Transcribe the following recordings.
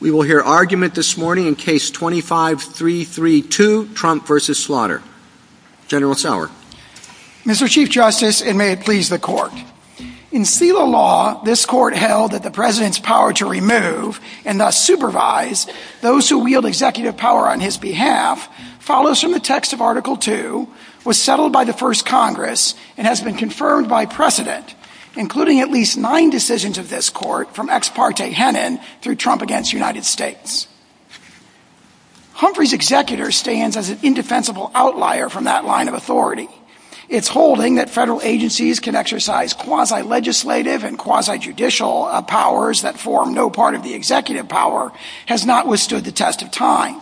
We will hear argument this morning in Case 25-332, Trump v. Slaughter. General Sauer. Mr. Chief Justice, and may it please the Court. In SELA law, this Court held that the President's power to remove, and thus supervise, those who wield executive power on his behalf follows from the text of Article II, was settled by the First Congress, and has been confirmed by precedent, including at least nine decisions of this Court from Ex parte Henan through Trump v. United States. Humphrey's executor stands as an indefensible outlier from that line of authority. Its holding that federal agencies can exercise quasi-legislative and quasi-judicial powers that form no part of the executive power has not withstood the test of time.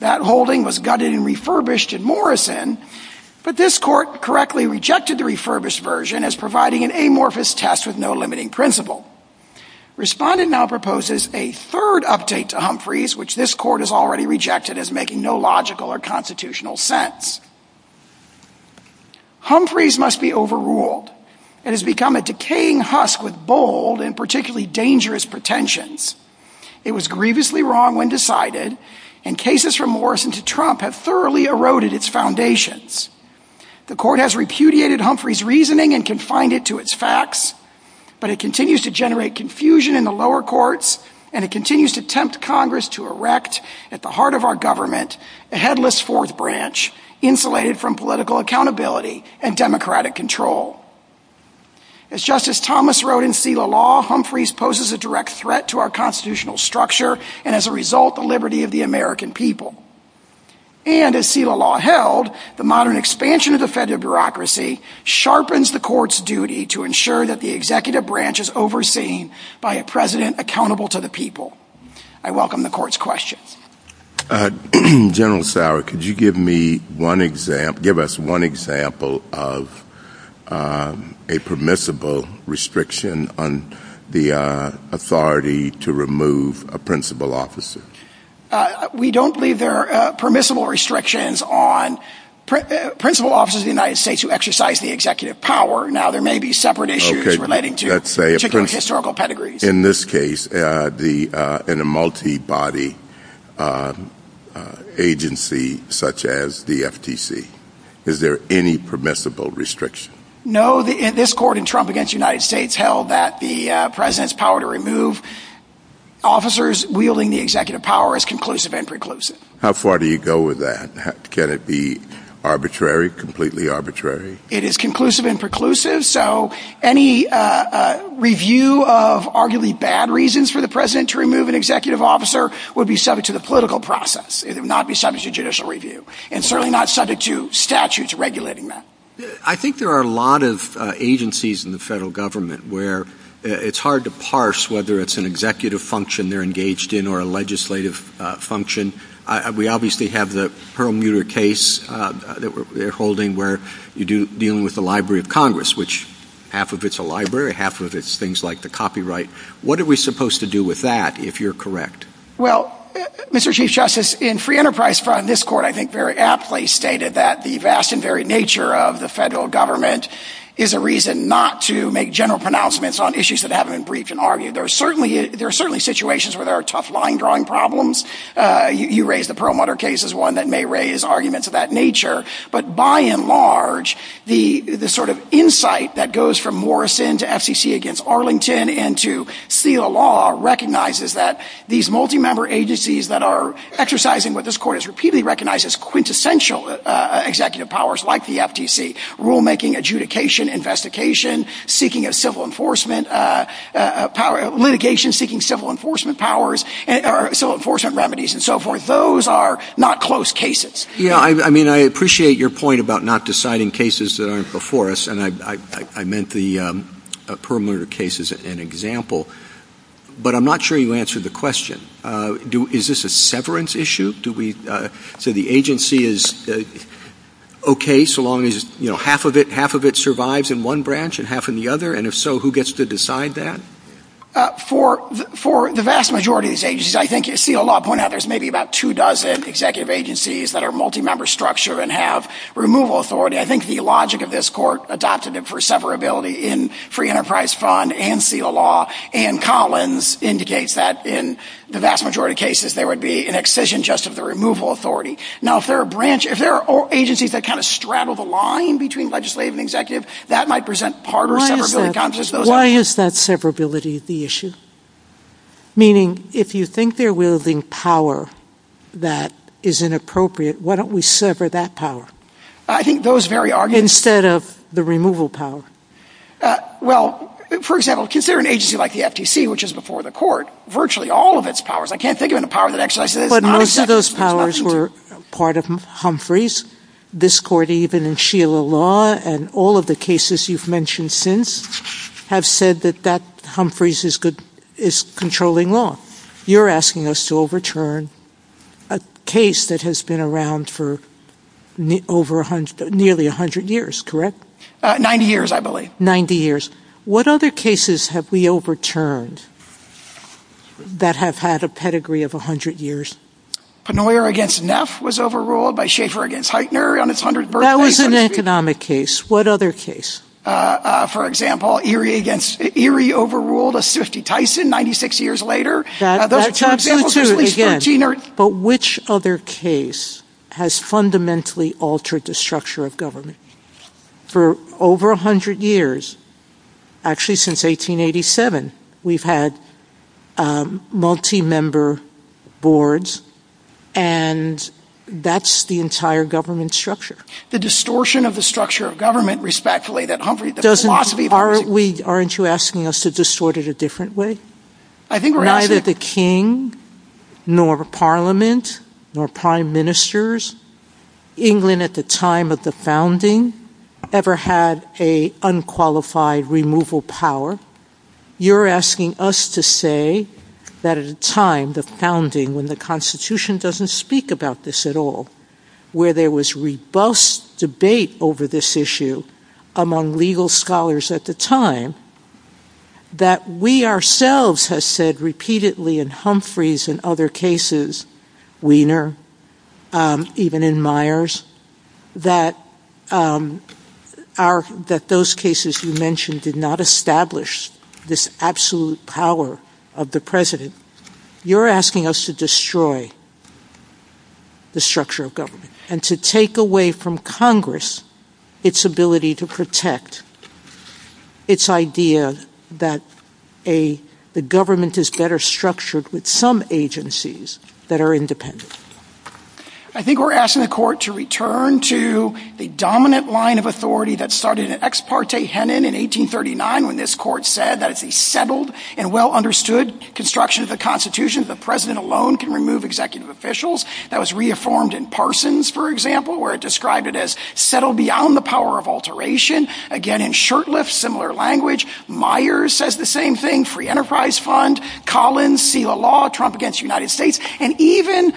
That holding was gutted and refurbished in Morrison, but this Court correctly rejected the refurbished version as providing an amorphous test with no limiting principle. Respondent now proposes a third update to Humphrey's, which this Court has already rejected as making no logical or constitutional sense. Humphrey's must be overruled. It has become a decaying husk with bold and particularly dangerous pretensions. It was grievously wrong when decided, and cases from Morrison to Trump have thoroughly eroded its foundations. The Court has repudiated Humphrey's reasoning and confined it to its facts, but it continues to generate confusion in the lower courts, and it continues to tempt Congress to erect, at the heart of our government, a headless fourth branch, insulated from political accountability and democratic control. As Justice Thomas wrote in Selah Law, Humphrey's poses a direct threat to our constitutional structure, and as a result, the liberty of the American people. And, as Selah Law held, the modern expansion of the federal bureaucracy sharpens the Court's duty to ensure that the executive branch is overseen by a president accountable to the people. I welcome the Court's questions. General Sauer, could you give us one example of a permissible restriction on the authority to remove a principal officer? We don't believe there are permissible restrictions on principal officers of the United States who exercise the executive power. Now, there may be separate issues relating to historical pedigrees. In this case, in a multi-body agency such as the FTC, is there any permissible restriction? No. This Court, against the United States, held that the president's power to remove officers wielding the executive power is conclusive and preclusive. How far do you go with that? Can it be arbitrary, completely arbitrary? It is conclusive and preclusive, so any review of arguably bad reasons for the president to remove an executive officer would be subject to the political process. It would not be subject to judicial review, and certainly not subject to statutes regulating that. I think there are a lot of agencies in the federal government where it's hard to parse whether it's an executive function they're engaged in or a legislative function. We obviously have the Perlmutter case that we're holding where you're dealing with the Library of Congress, which half of it's a library, half of it's things like the copyright. What are we supposed to do with that, if you're correct? Well, Mr. Chief Justice, in free enterprise, from this Court, I think very aptly stated that the vast and varied nature of the federal government is a reason not to make general pronouncements on issues that haven't been briefed and argued. There are certainly situations where there are tough line-drawing problems. You raised the Perlmutter case as one that may raise arguments of that nature, but by and large, the sort of insight that goes from Morrison to FCC against Arlington and to seal law recognizes that these multi-member agencies that are exercising what this Court has repeatedly recognized as quintessential executive powers, like the FTC, rulemaking, adjudication, investigation, seeking a civil enforcement power, litigation, seeking civil enforcement powers, civil enforcement remedies, and so forth, those are not close cases. Yeah, I mean, I appreciate your point about not deciding cases that aren't before us, and I meant the Perlmutter case as an example, but I'm not sure you answered the question. Is this a severance issue? Do we say the agency is okay so long as half of it survives in one branch and half in the other, and if so, who gets to decide that? For the vast majority of these agencies, I think you see a lot of point out there's maybe about two dozen executive agencies that are multi-member structure and have removal authority. I think the logic of this Court adopted it for severability in free enterprise fund and seal law, and Collins indicates that in the vast majority of cases, there would be an excision just of the removal authority. Now, if there are agencies that kind of straddle the line between legislative and executive, that might present harder severability problems. Why is that severability the issue? Meaning, if you think they're wielding power that is inappropriate, why don't we sever that power? I think those very arguments... Instead of the removal power. Well, for example, consider an agency like the FTC, which is before the Court, virtually all of its powers, I can't think of any power that actually... But most of those powers were part of Humphreys. This Court, even in seal law, and all of the cases you've mentioned since, have said that Humphreys is controlling law. You're asking us to overturn a case that has been around for nearly 100 years, correct? 90 years, I believe. 90 years. What other cases have we overturned that have had a pedigree of 100 years? Penoyer against Neff was overruled by Schaefer against Heitner on its 100th birthday. That was an economic case. What other case? For example, Erie overruled a 50 Tyson 96 years later. But which other case has fundamentally altered the structure of government? For over 100 years, actually since 1887, we've had multi-member boards, and that's the entire government structure. The distortion of the structure of government, respectfully, that Humphrey... Aren't you asking us to distort it a different way? Neither the king, nor parliament, nor prime ministers, England at the time of the founding, ever had an unqualified removal power. You're asking us to say that at a time, the founding, when the Constitution doesn't speak about this at all, where there was robust debate over this issue among legal scholars at the time, that we ourselves have said repeatedly in Humphreys and other cases, Wiener, even in Myers, that those cases you mentioned did not establish this absolute power of the president. You're asking us to destroy the structure of government and to take away from Congress its ability to protect its idea that the government is better structured with some agencies that are independent. I think we're asking the court to return to the dominant line of authority that started in 1839 when this court said that it's a settled and well-understood construction of the Constitution that the president alone can remove executive officials. That was reaffirmed in Parsons, for example, where it described it as settled beyond the power of alteration. Again, in Shurtleff, similar language. Myers says the same thing. Free Enterprise Fund. Collins, seal the law, trump against the United States. And even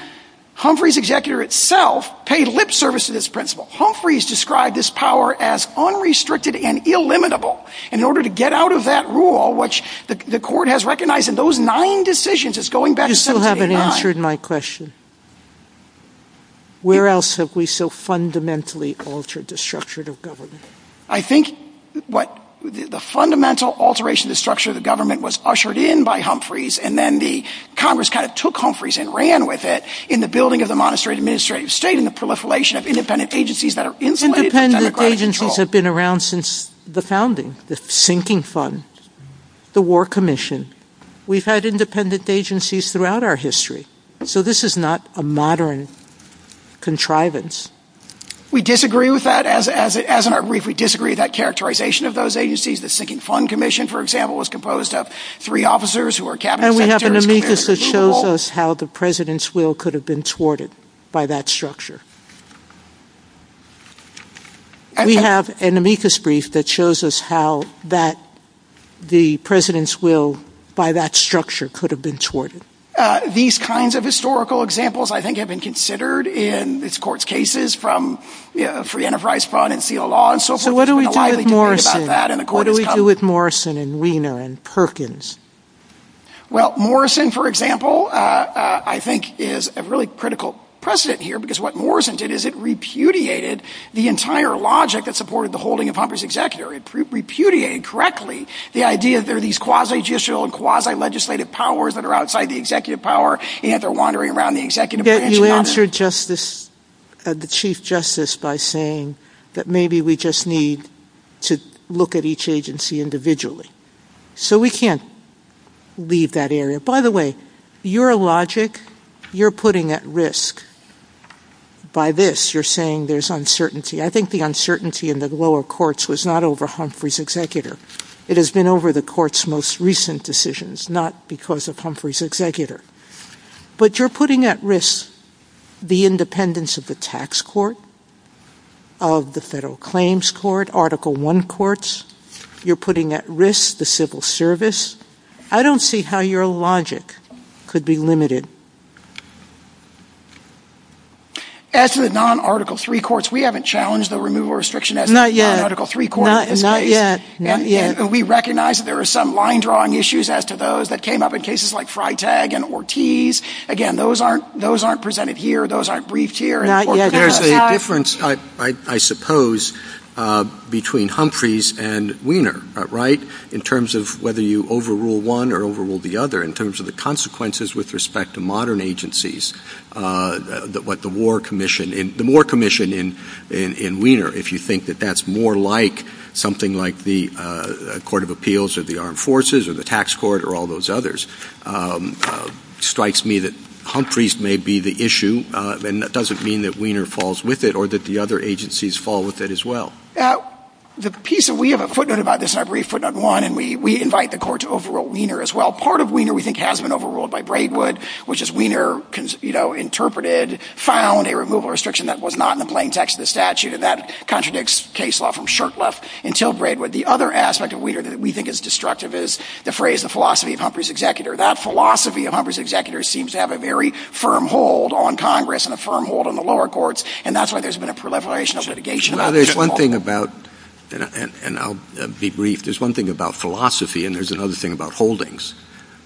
Humphreys' executor itself paid lip service to this principle. Humphreys described this power as unrestricted and illimitable. And in order to get out of that rule, which the court has recognized in those nine decisions, it's going back to 1789. You still haven't answered my question. Where else have we so fundamentally altered the structure of government? I think the fundamental alteration of the structure of government was ushered in by Humphreys, and then Congress kind of took Humphreys and ran with it in the building of the monastery administrative state and the proliferation of independent agencies that are insulated. Independent agencies have been around since the founding. The Sinking Fund, the War Commission. We've had independent agencies throughout our history. So this is not a modern contrivance. We disagree with that. As in our brief, we disagree that characterization of those agencies, the Sinking Fund Commission, for example, was composed of three officers who were cabinet secretaries. We have an amethyst that shows us how the president's will could have been thwarted by that structure. We have an amethyst brief that shows us how the president's will, by that structure, could have been thwarted. These kinds of historical examples, I think, have been considered in this court's cases from Friend of Rice Fund and Field Law and so forth. What do we do with Morrison and Weiner and Perkins? Well, Morrison, for example, I think, is a really critical precedent here because what Morrison did is it repudiated the entire logic that supported the holding of Humphrey's executor. It repudiated correctly the idea that there are these quasi-judicial and quasi-legislative powers that are outside the executive power and they're wandering around the executive branch. You answered the Chief Justice by saying that maybe we just need to look at each agency individually. So we can't leave that area. By the way, your logic, you're putting at risk. By this, you're saying there's uncertainty. I think the uncertainty in the lower courts was not over Humphrey's executor. It has been over the court's most recent decisions, not because of Humphrey's executor. But you're putting at risk the independence of the tax court, of the federal claims court, Article I courts. You're putting at risk the civil service. I don't see how your logic could be limited. As with non-Article III courts, we haven't challenged the removal restriction as the non-Article III court has. Not yet. We recognize that there are some line-drawing issues as to those that came up in cases like Freitag and Ortiz. Again, those aren't presented here. Those aren't briefed here. There's a difference, I suppose, between Humphrey's and Wiener, right, in terms of whether you overrule one or overrule the other, in terms of the consequences with respect to modern agencies. The war commission in Wiener, if you think that that's more like something like the Court of Appeals or the Armed Forces or the tax court or all those others, it strikes me that Humphrey's may be the issue, and that doesn't mean that Wiener falls with it or that the other agencies fall with it as well. The piece that we have a footnote about this, and I believe footnote one, and we invite the court to overrule Wiener as well. Part of Wiener, we think, has been overruled by Braidwood, which is Wiener interpreted, found a removal restriction that was not in the plain text of the statute, and that contradicts case law from Shurtleff until Braidwood. The other aspect of Wiener that we think is destructive is the phrase, the philosophy of Humphrey's executor. That philosophy of Humphrey's executor seems to have a very firm hold on Congress and a firm hold on the lower courts, and that's why there's been a proliferation of litigation. Now, there's one thing about, and I'll be brief, there's one thing about philosophy and there's another thing about holdings.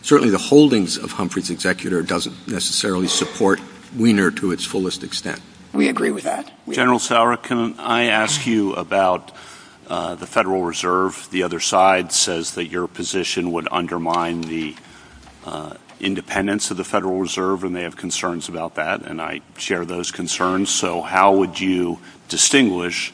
Certainly the holdings of Humphrey's executor doesn't necessarily support Wiener to its fullest extent. We agree with that. General Sauer, can I ask you about the Federal Reserve? The other side says that your position would undermine the independence of the Federal Reserve, and they have concerns about that, and I share those concerns. So how would you distinguish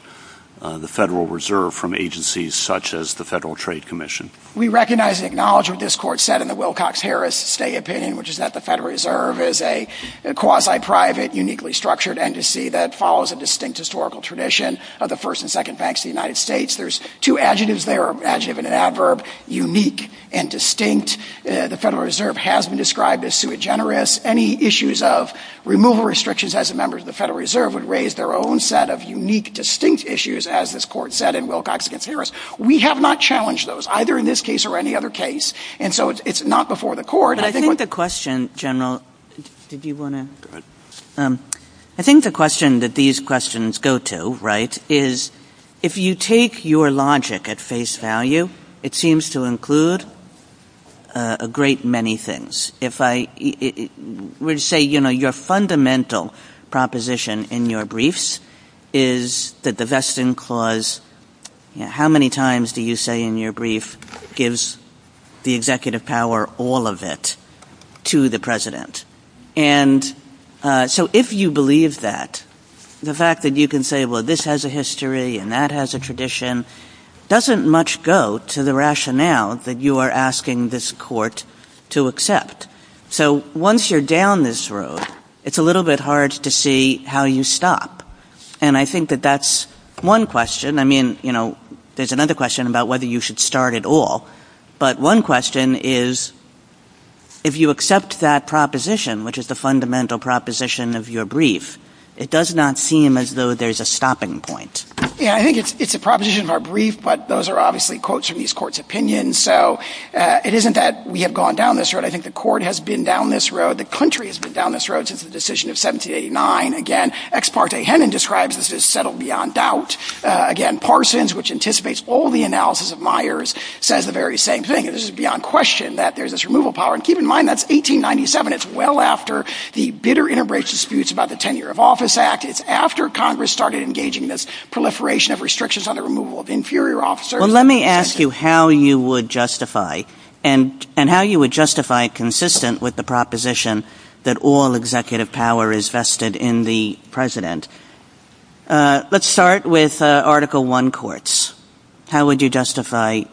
the Federal Reserve from agencies such as the Federal Trade Commission? We recognize and acknowledge what this court said in the Wilcox-Harris State Opinion, which is that the Federal Reserve is a quasi-private, uniquely structured embassy that follows a distinct historical tradition of the First and Second Banks of the United States. There's two adjectives there, adjective and adverb, unique and distinct. The Federal Reserve has been described as sui generis. Any issues of removal restrictions as a member of the Federal Reserve would raise their own set of unique, distinct issues, as this court said in Wilcox-Harris. We have not challenged those, either in this case or any other case, and so it's not before the court. But I think the question, General, did you want to? I think the question that these questions go to, right, is if you take your logic at face value, it seems to include a great many things. If I were to say, you know, your fundamental proposition in your briefs is that the Veston Clause, how many times do you say in your brief gives the executive power all of it to the president? And so if you believe that, the fact that you can say, well, this has a history and that has a tradition doesn't much go to the rationale that you are asking this court to accept. So once you're down this road, it's a little bit hard to see how you stop. And I think that that's one question. I mean, you know, there's another question about whether you should start at all. But one question is if you accept that proposition, which is the fundamental proposition of your brief, it does not seem as though there's a stopping point. Yeah, I think it's a proposition of our brief, but those are obviously quotes from these courts' opinions. So it isn't that we have gone down this road. I think the court has been down this road. The country has been down this road since the decision of 1789. Again, ex parte, Hennon describes this as settled beyond doubt. Again, Parsons, which anticipates all the analysis of Myers, says the very same thing. This is beyond question that there's this removal power. And keep in mind, that's 1897. It's well after the bitter integration disputes about the Tenure of Office Act. It's after Congress started engaging this proliferation of restrictions on the removal of inferior officers. Well, let me ask you how you would justify and how you would justify consistent with the proposition that all executive power is vested in the president. Let's start with Article I courts. How would you justify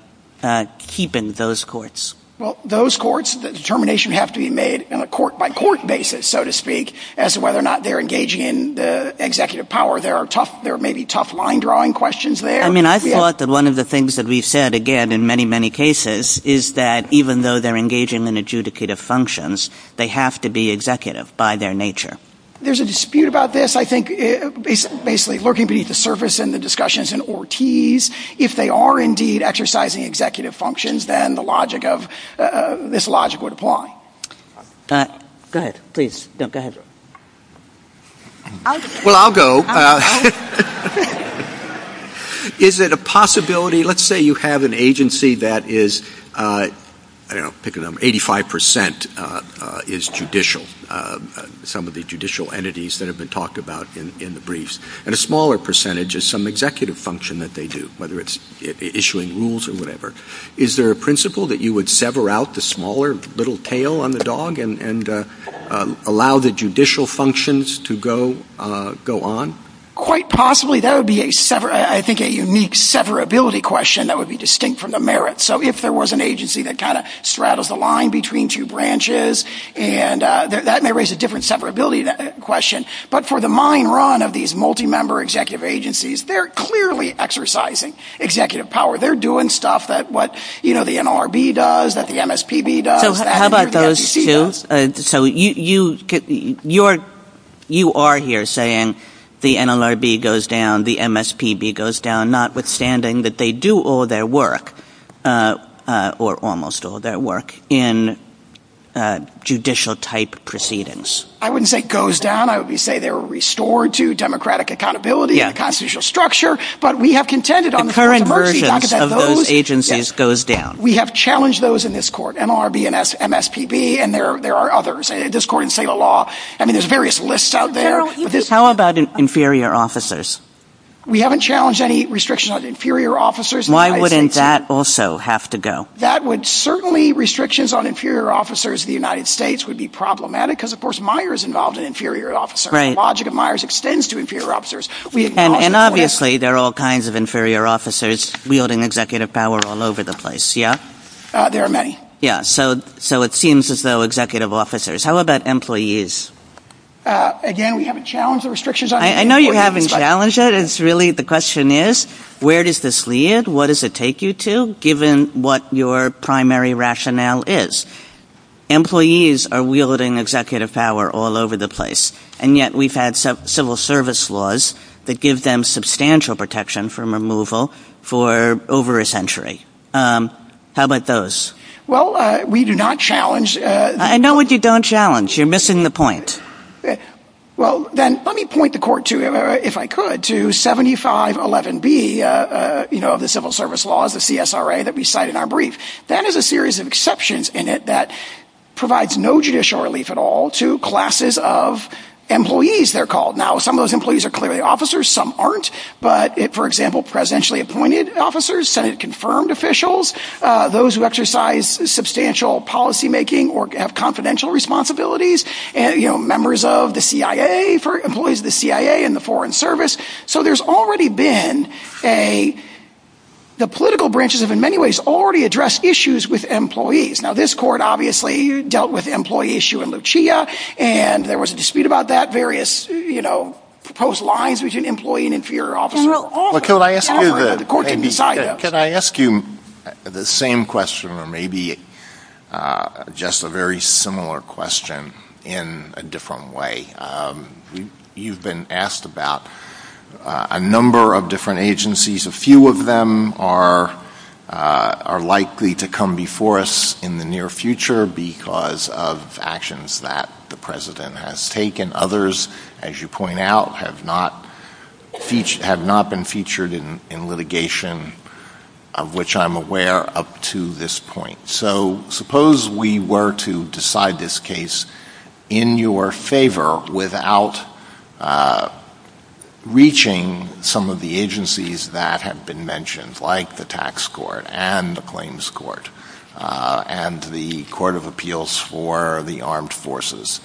keeping those courts? Well, those courts, the determination have to be made on a court by court basis, so to speak, as to whether or not they're engaging in the executive power. There are tough, there may be tough mind drawing questions there. I mean, I thought that one of the things that we said, again, in many, many cases is that even though they're engaging in adjudicative functions, they have to be executive by their nature. There's a dispute about this. I think basically lurking beneath the surface in the discussions in Ortiz, if they are indeed exercising executive functions, then the logic of this logic would apply. Go ahead, please. Well, I'll go. Is it a possibility, let's say you have an agency that is, I don't know, pick a number, 85% is judicial. Some of the judicial entities that have been talked about in the briefs, and a smaller percentage is some executive function that they do, whether it's issuing rules or whatever. Is there a principle that you would sever out the smaller little tail on the dog and allow the judicial functions to go on? Quite possibly, that would be, I think, a unique severability question that would be distinct from the merit. If there was an agency that straddles the line between two branches, that may raise a different severability question. But for the mine run of these multi-member executive agencies, they're clearly exercising executive power. They're doing stuff that what the NLRB does, that the MSPB does, that the SEC does. So, you are here saying the NLRB goes down, the MSPB goes down, notwithstanding that they do all their work, or almost all their work, in judicial-type proceedings. I wouldn't say goes down. I would say they were restored to democratic accountability and a constitutional structure, but we have contended on... The current versions of those agencies goes down. We have challenged those in this court, NLRB, MSPB, and there are others, this court in state of law. I mean, there's various lists out there. How about inferior officers? We haven't challenged any restrictions on inferior officers. Why wouldn't that also have to go? That would certainly... Restrictions on inferior officers in the United States would be problematic because, of course, Myers involved an inferior officer. The logic of Myers extends to inferior officers. And obviously, there are all kinds of inferior officers wielding executive power all over the place, yeah? There are many. Yeah, so it seems as though executive officers... How about employees? Again, we haven't challenged the restrictions on... I know you haven't challenged it. It's really... The question is, where does this lead? What does it take you to, given what your primary rationale is? Employees are wielding executive power all over the place, and yet we've had civil service laws that give them substantial protection from removal for over a century. How about those? Well, we do not challenge... I know what you don't challenge. You're missing the point. Well, then let me point the court to, if I could, to 7511B of the civil service laws, the CSRA, that we cite in our brief. That is a series of exceptions in it that provides no judicial relief at all to classes of employees, they're called. Now, some of those employees are clearly officers. Some aren't. But, for example, presidentially appointed officers, Senate-confirmed officials, those who exercise substantial policymaking or have confidential responsibilities. Members of the CIA, employees of the CIA and the Foreign Service. So there's already been a... The political branches have, in many ways, already addressed issues with employees. Now, this court, obviously, dealt with the employee issue in Lucia, and there was a dispute about that, various proposed lines between employee and inferior officer. Well, can I ask you the same question, or maybe just a very similar question? In a different way, you've been asked about a number of different agencies. A few of them are likely to come before us in the near future because of actions that the president has taken. Others, as you point out, have not been featured in litigation, of which I'm aware up to this point. So, suppose we were to decide this case in your favor without reaching some of the agencies that have been mentioned, like the Tax Court and the Claims Court and the Court of Appeals for the Armed Forces,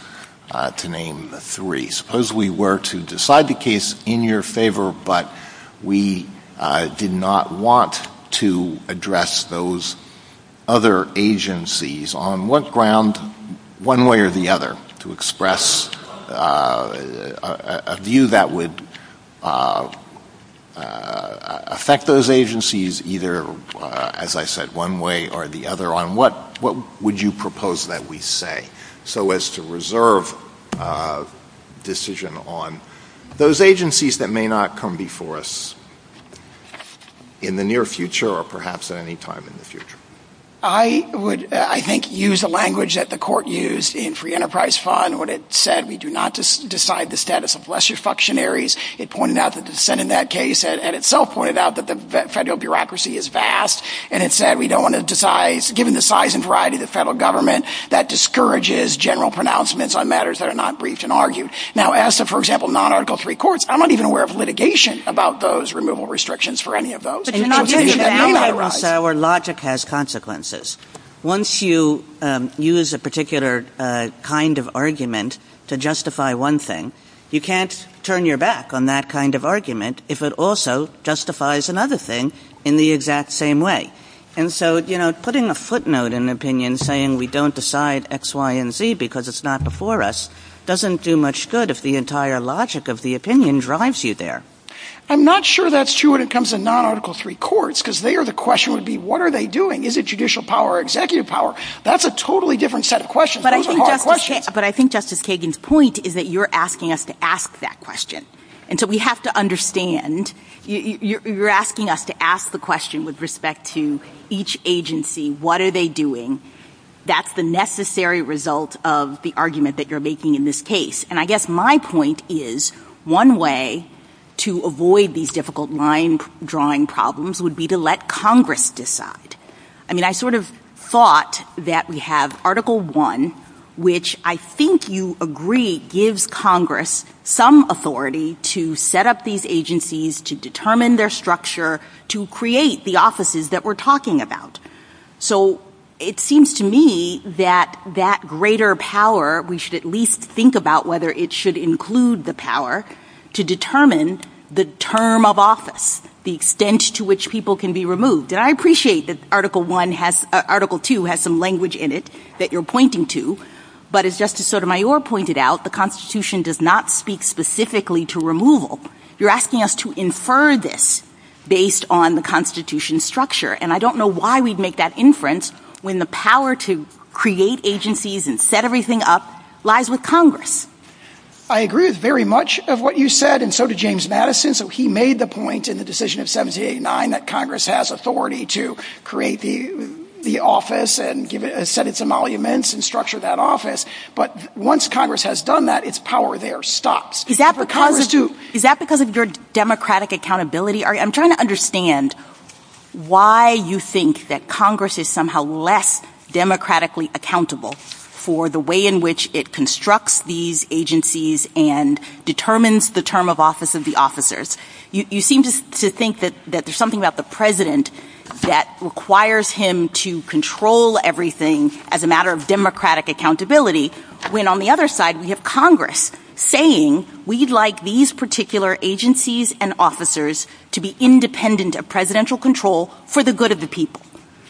to name three. Suppose we were to decide the case in your favor, but we did not want to address those other agencies on what ground, one way or the other, to express a view that would affect those agencies either, as I said, one way or the other on what would you propose that we say, so as to reserve decision on those agencies that may not come before us in the near future or perhaps at any time in the future? I would, I think, use the language that the court used in Free Enterprise Fund when it said we do not decide the status of lesser functionaries. It pointed out that the Senate in that case and itself pointed out that the federal bureaucracy is vast, and it said we don't want to decide, given the size and variety of the federal government, that discourages general pronouncements on matters that are not briefed and argued. Now, as to, for example, non-Article III courts, I'm not even aware of litigation about those removal restrictions for any of those. But the idea is that our logic has consequences. Once you use a particular kind of argument to justify one thing, you can't turn your back on that kind of argument if it also justifies another thing in the exact same way. And so, you know, putting a footnote in an opinion saying we don't decide X, Y, and Z because it's not before us doesn't do much good if the entire logic of the opinion drives you there. I'm not sure that's true when it comes to non-Article III courts because there the question would be what are they doing? Is it judicial power or executive power? That's a totally different set of questions. Those are hard questions. But I think Justice Kagan's point is that you're asking us to ask that question. And so we have to understand you're asking us to ask the question with respect to each agency, what are they doing? That's the necessary result of the argument that you're making in this case. And I guess my point is one way to avoid these difficult line drawing problems would be to let Congress decide. I mean, I sort of thought that we have Article I, which I think you agree gives Congress some authority to set up these agencies, to determine their structure, to create the offices that we're talking about. So it seems to me that that greater power, we should at least think about whether it should include the power to determine the term of office, the extent to which people can be removed. And I appreciate that Article II has some language in it that you're pointing to. But as Justice Sotomayor pointed out, the Constitution does not speak specifically to removal. You're asking us to infer this based on the Constitution's structure. And I don't know why we'd make that inference when the power to create agencies and set everything up lies with Congress. I agree very much of what you said, and so did James Madison. So he made the point in the decision of 1789 that Congress has authority to create the office and set its emoluments and structure that office. But once Congress has done that, its power there stops. Is that because of your democratic accountability? I'm trying to understand why you think that Congress is somehow less democratically accountable for the way in which it constructs these agencies and determines the term of office of the officers. You seem to think that there's something about the president that requires him to control everything as a matter of democratic accountability, when on the other side, we like these particular agencies and officers to be independent of presidential control for the good of the people.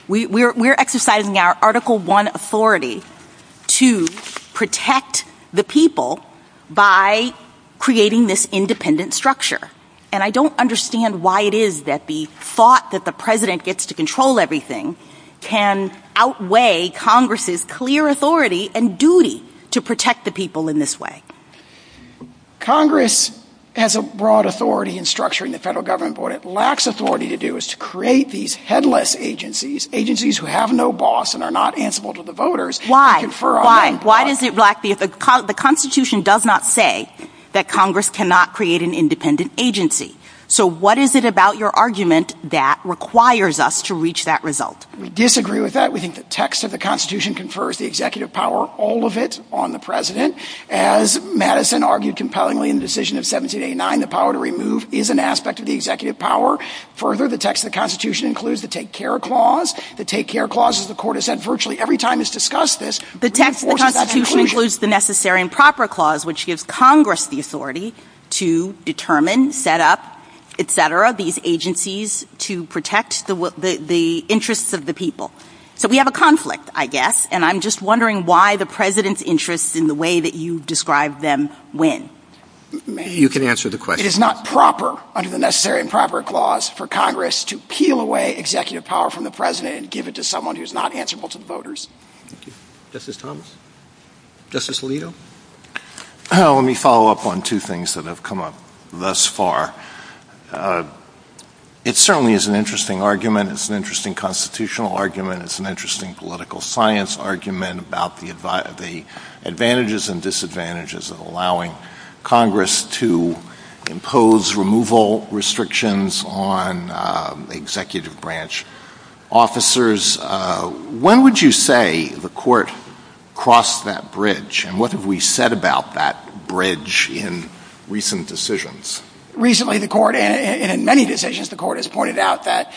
We're exercising our Article 1 authority to protect the people by creating this independent structure. And I don't understand why it is that the thought that the president gets to control everything can outweigh Congress's clear authority and duty to protect the people in this way. Congress has a broad authority in structuring the federal government, but it lacks authority to do is to create these headless agencies, agencies who have no boss and are not answerable to the voters. Why? Why? Why does it lack the Constitution does not say that Congress cannot create an independent agency. So what is it about your argument that requires us to reach that result? We disagree with that. We think the text of the Constitution confers the executive power, all of it on the president as Madison argued compellingly in the decision of 1789, the power to remove is an aspect of the executive power. Further, the text of the Constitution includes the take care clause, the take care clauses, the court has said virtually every time it's discussed this, the text of the Constitution includes the necessary and proper clause, which gives Congress the authority to determine, set up, et cetera, these agencies to protect the interests of the people. So we have a conflict, I guess. And I'm just wondering why the president's interests in the way that you described them when you can answer the question is not proper under the necessary and proper clause for Congress to peel away executive power from the president and give it to someone who's not answerable to the voters. This is Thomas Justice legal. Let me follow up on two things that have come up thus far. It certainly is an interesting argument. It's an interesting constitutional argument. It's an interesting political science argument about the advantages and disadvantages of allowing Congress to impose removal restrictions on executive branch officers. When would you say the court crossed that bridge? And what have we said about that bridge in recent decisions? Recently, the court, and in many decisions, the court has pointed out that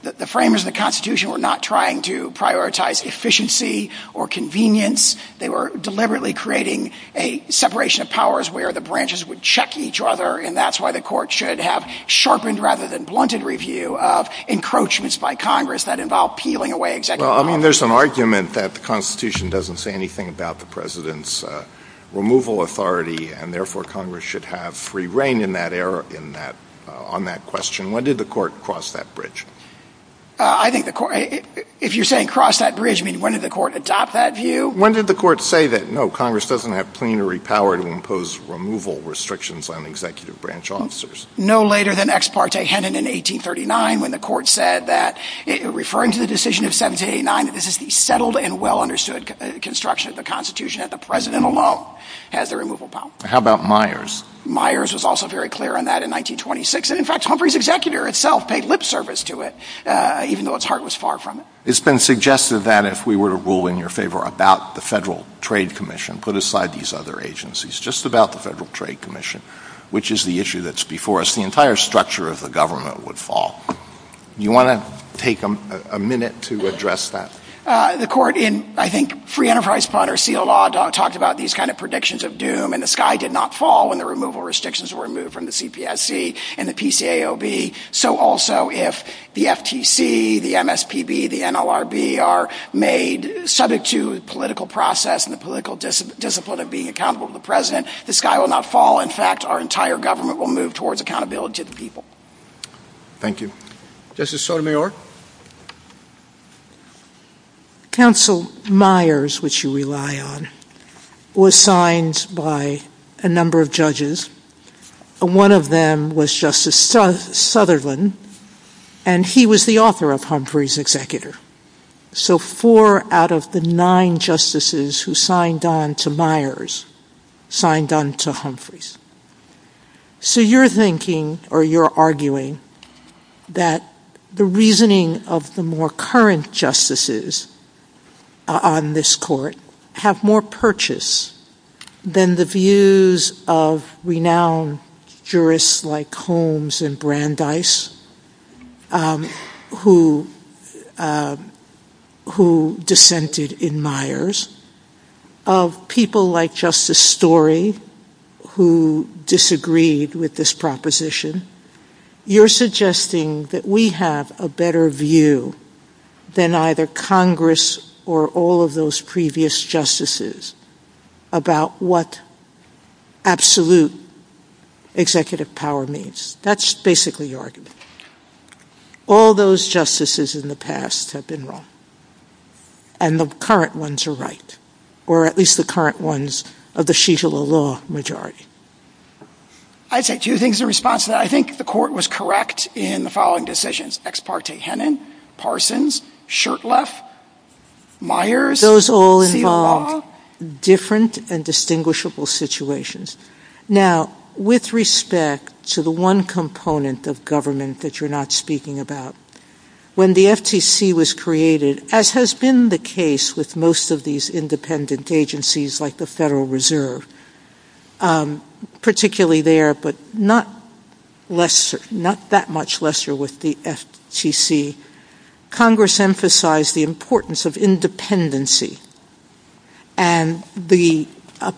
the framers of the Constitution were not trying to prioritize efficiency or convenience. They were deliberately creating a separation of powers where the branches would check each other. And that's why the court should have sharpened rather than blunted review of encroachments by Congress that involve peeling away executive power. Well, I mean, there's an argument that the Constitution doesn't say anything about the president's removal authority. And therefore, Congress should have free reign on that question. When did the court cross that bridge? I think the court, if you're saying cross that bridge, I mean, when did the court adopt that view? When did the court say that, no, Congress doesn't have plenary power to impose removal restrictions on executive branch officers? No later than ex parte Hennon in 1839, when the court said that, referring to the decision of 1789, that this is the settled and well understood construction of the Constitution that the president alone has the removal power. How about Myers? Myers was also very clear on that in 1926. In fact, Humphrey's executor itself paid lip service to it, even though its heart was far from it. It's been suggested that if we were to rule in your favor about the Federal Trade Commission, put aside these other agencies, just about the Federal Trade Commission, which is the issue that's before us, the entire structure of the government would fall. You want to take a minute to address that? The court in, I think, Free Enterprise Plotter Seal Law talked about these kind of predictions of doom and the sky did not fall when the removal restrictions were removed from the CPSC. And the PCAOB. So also, if the FTC, the MSPB, the NLRB are made subject to political process and the political discipline of being accountable to the president, the sky will not fall. In fact, our entire government will move towards accountability to the people. Thank you. Justice Sotomayor? Counsel Myers, which you rely on, was signed by a number of judges, and one of them was Justice Southerland, and he was the author of Humphrey's executor. So four out of the nine justices who signed on to Myers signed on to Humphrey's. So you're thinking, or you're arguing, that the reasoning of the more current justices on this court have more purchase than the views of renowned jurists like Holmes and Dice, who dissented in Myers, of people like Justice Story, who disagreed with this proposition. You're suggesting that we have a better view than either Congress or all of those previous justices about what absolute executive power means. That's basically your argument. All those justices in the past have been wrong, and the current ones are right, or at least the current ones of the sheet of the law majority. I'd say two things in response to that. I think the court was correct in the following decisions. Ex parte Hennon, Parsons, Shurtleff, Myers. Those all involve different and distinguishable situations. Now, with respect to the one component of government that you're not speaking about, when the FTC was created, as has been the case with most of these independent agencies like the Federal Reserve, particularly there, but not that much lesser with the FTC, Congress emphasized the importance of independency and the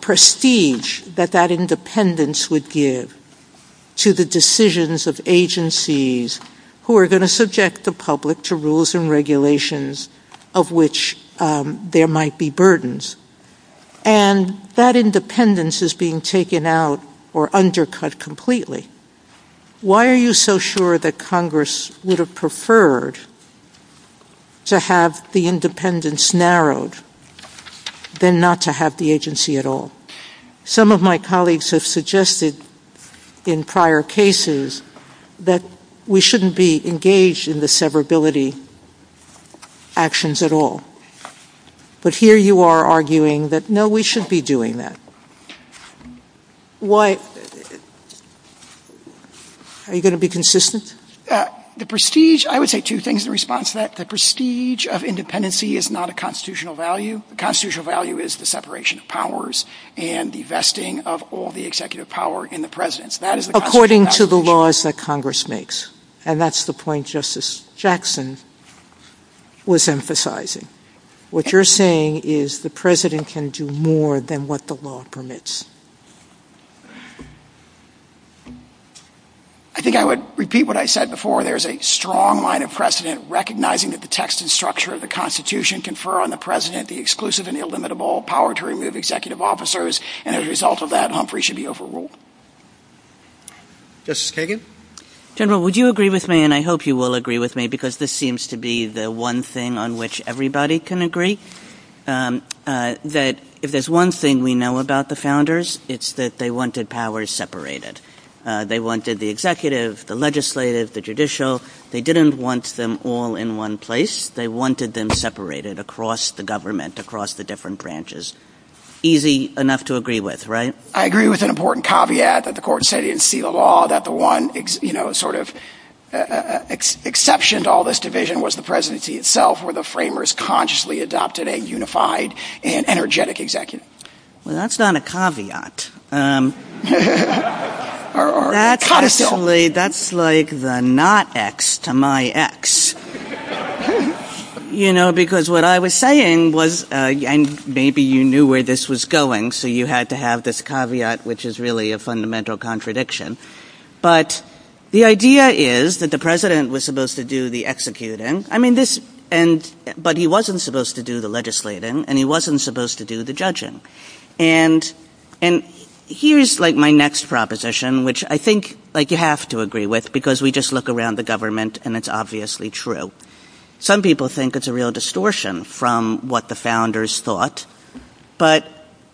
prestige that that independence would give to the decisions of agencies who are going to subject the public to rules and regulations of which there might be burdens. That independence is being taken out or undercut completely. Why are you so sure that Congress would have preferred to have the independence narrowed than not to have the agency at all? Some of my colleagues have suggested in prior cases that we shouldn't be engaged in the severability actions at all, but here you are arguing that, no, we should be doing that. Are you going to be consistent? The prestige, I would say two things in response to that. The prestige of independency is not a constitutional value. The constitutional value is the separation of powers and the vesting of all the executive power in the presence. According to the laws that Congress makes, and that's the point Justice Jackson was emphasizing. What you're saying is the president can do more than what the law permits. I think I would repeat what I said before. There's a strong line of precedent recognizing that the text and structure of the Constitution confer on the president the exclusive and illimitable power to remove executive officers, and as a result of that, Humphrey should be overruled. Justice Kagan? General, would you agree with me, and I hope you will agree with me because this seems to be the one thing on which everybody can agree, that if there's one thing we know about the founders, it's that they wanted powers separated. They wanted the executive, the legislative, the judicial. They didn't want them all in one place. They wanted them separated across the government, across the different branches. Easy enough to agree with, right? I agree with an important caveat that the court said in Sela Law that the one exception to all this division was the presidency itself where the framers consciously adopted a unified and energetic executive. That's not a caveat. Actually, that's like the not X to my X, you know, because what I was saying was, and maybe you knew where this was going, so you had to have this caveat, which is really a fundamental contradiction, but the idea is that the president was supposed to do the executing, but he wasn't supposed to do the legislating, and he wasn't supposed to do the judging. And here's my next proposition, which I think you have to agree with because we just look around the government, and it's obviously true. Some people think it's a real distortion from what the founders thought, but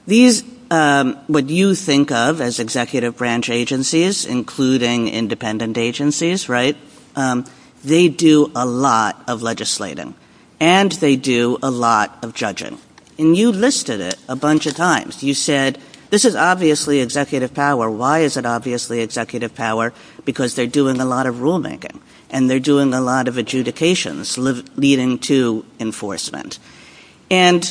what you think of as executive branch agencies, including independent agencies, right, they do a lot of legislating, and they do a lot of judging. And you listed it a bunch of times. You said, this is obviously executive power. Why is it obviously executive power? Because they're doing a lot of rulemaking, and they're doing a lot of adjudications leading to enforcement. And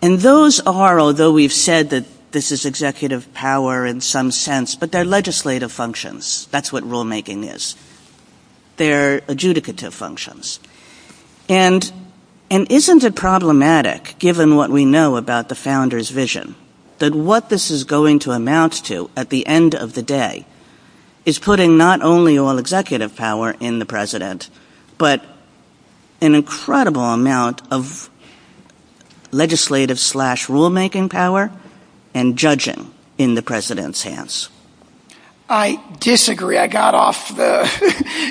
those are, although we've said that this is executive power in some sense, but they're legislative functions. That's what rulemaking is. They're adjudicative functions. And isn't it problematic, given what we know about the founders' vision, that what this is going to amount to at the end of the day is putting not only all executive power in the president, but an incredible amount of legislative slash rulemaking power and judging in the president's hands? I disagree. I got off the,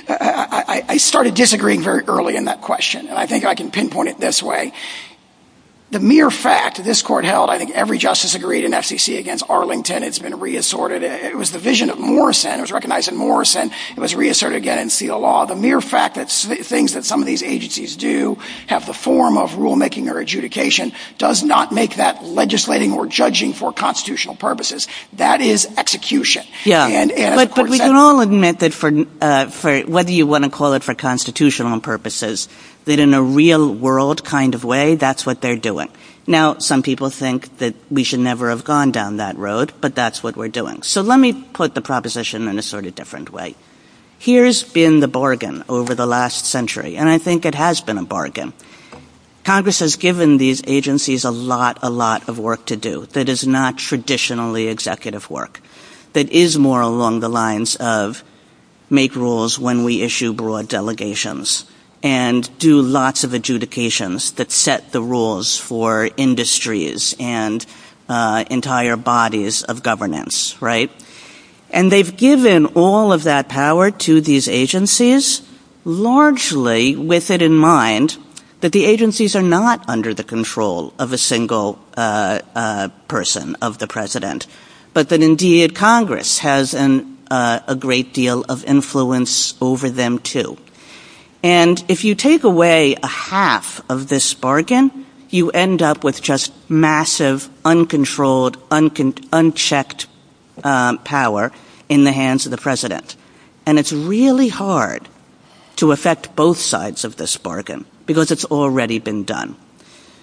I started disagreeing very early in that question, and I think I can pinpoint it this way. The mere fact that this court held, I think every justice agreed in FCC against Arlington has been reassorted, and it was the vision of Morrison. It was recognized in Morrison. It was reasserted again in CLL. The mere fact that things that some of these agencies do have the form of rulemaking or adjudication does not make that legislating or judging for constitutional purposes. That is execution. Yeah, but we can all admit that for, what do you want to call it, for constitutional purposes, that in a real world kind of way, that's what they're doing. Now, some people think that we should never have gone down that road, but that's what we're doing. So let me put the proposition in a sort of different way. Here's been the bargain over the last century, and I think it has been a bargain. Congress has given these agencies a lot, a lot of work to do that is not traditionally executive work, that is more along the lines of make rules when we issue broad delegations and do lots of adjudications that set the rules for industries and entire bodies of governance, right? And they've given all of that power to these agencies, largely with it in mind that the but that indeed Congress has a great deal of influence over them too. And if you take away a half of this bargain, you end up with just massive, uncontrolled, unchecked power in the hands of the president. And it's really hard to affect both sides of this bargain because it's already been done.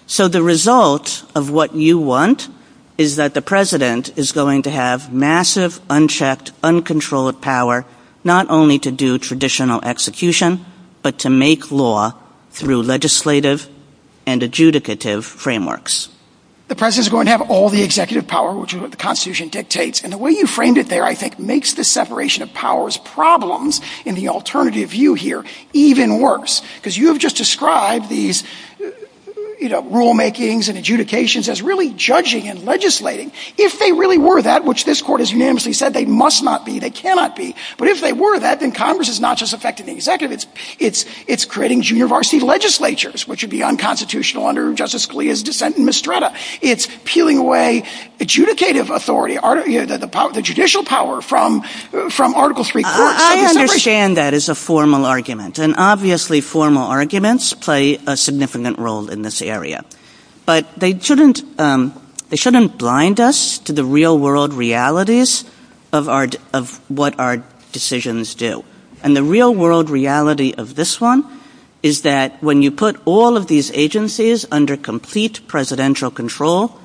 So the result of what you want is that the president is going to have massive, unchecked, uncontrolled power, not only to do traditional execution, but to make law through legislative and adjudicative frameworks. The president is going to have all the executive power, which is what the Constitution dictates. And the way you framed it there, I think makes the separation of powers problems in the alternative view here even worse. Because you have just described these rule makings and adjudications as really judging and legislating. If they really were that, which this court has unanimously said they must not be, they cannot be. But if they were that, then Congress is not just affecting the executives, it's creating junior varsity legislatures, which would be unconstitutional under Justice Scalia's defense and mistrata. It's peeling away adjudicative authority, the judicial power from Article III court. I understand that as a formal argument, and obviously formal arguments play a significant role in this area. But they shouldn't blind us to the real world realities of what our decisions do. And the real world reality of this one is that when you put all of these agencies under complete presidential control,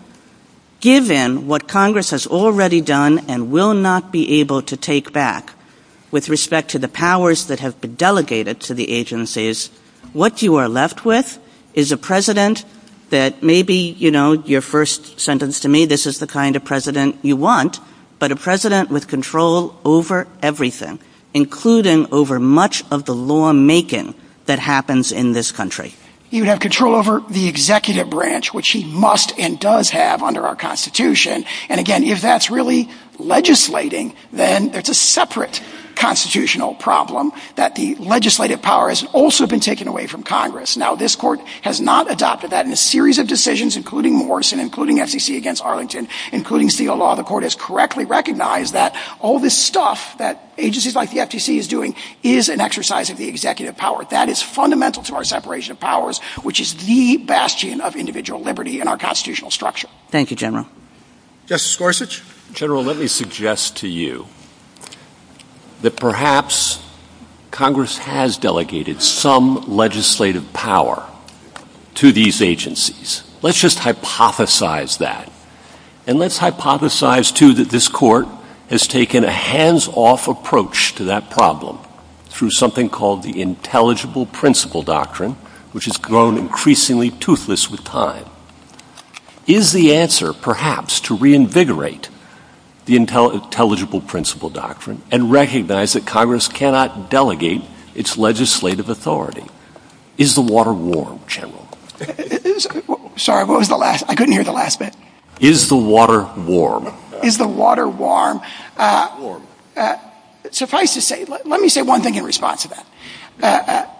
given what Congress has already done and will not be able to take back with respect to the powers that have been delegated to the agencies, what you are left with is a president that maybe, you know, your first sentence to me, this is the kind of president you want, but a president with control over everything, including over much of the lawmaking that happens in this country. You have control over the executive branch, which he must and does have under our Constitution. And again, if that's really legislating, then it's a separate constitutional problem that the legislative power has also been taken away from Congress. Now, this court has not adopted that in a series of decisions, including Morrison, including FTC against Arlington, including Steele Law. The court has correctly recognized that all this stuff that agencies like the FTC is doing is an exercise of the executive power. That is fundamental to our separation of powers, which is the bastion of individual liberty in our constitutional structure. Thank you, General. Justice Gorsuch? General, let me suggest to you that perhaps Congress has delegated some legislative power to these agencies. Let's just hypothesize that. And let's hypothesize, too, that this court has taken a hands-off approach to that problem through something called the intelligible principle doctrine, which has grown increasingly toothless with time. Is the answer perhaps to reinvigorate the intelligible principle doctrine and recognize that Congress cannot delegate its legislative authority? Is the water warm, General? Sorry, what was the last? I couldn't hear the last bit. Is the water warm? Is the water warm? Suffice to say, let me say one thing in response to that.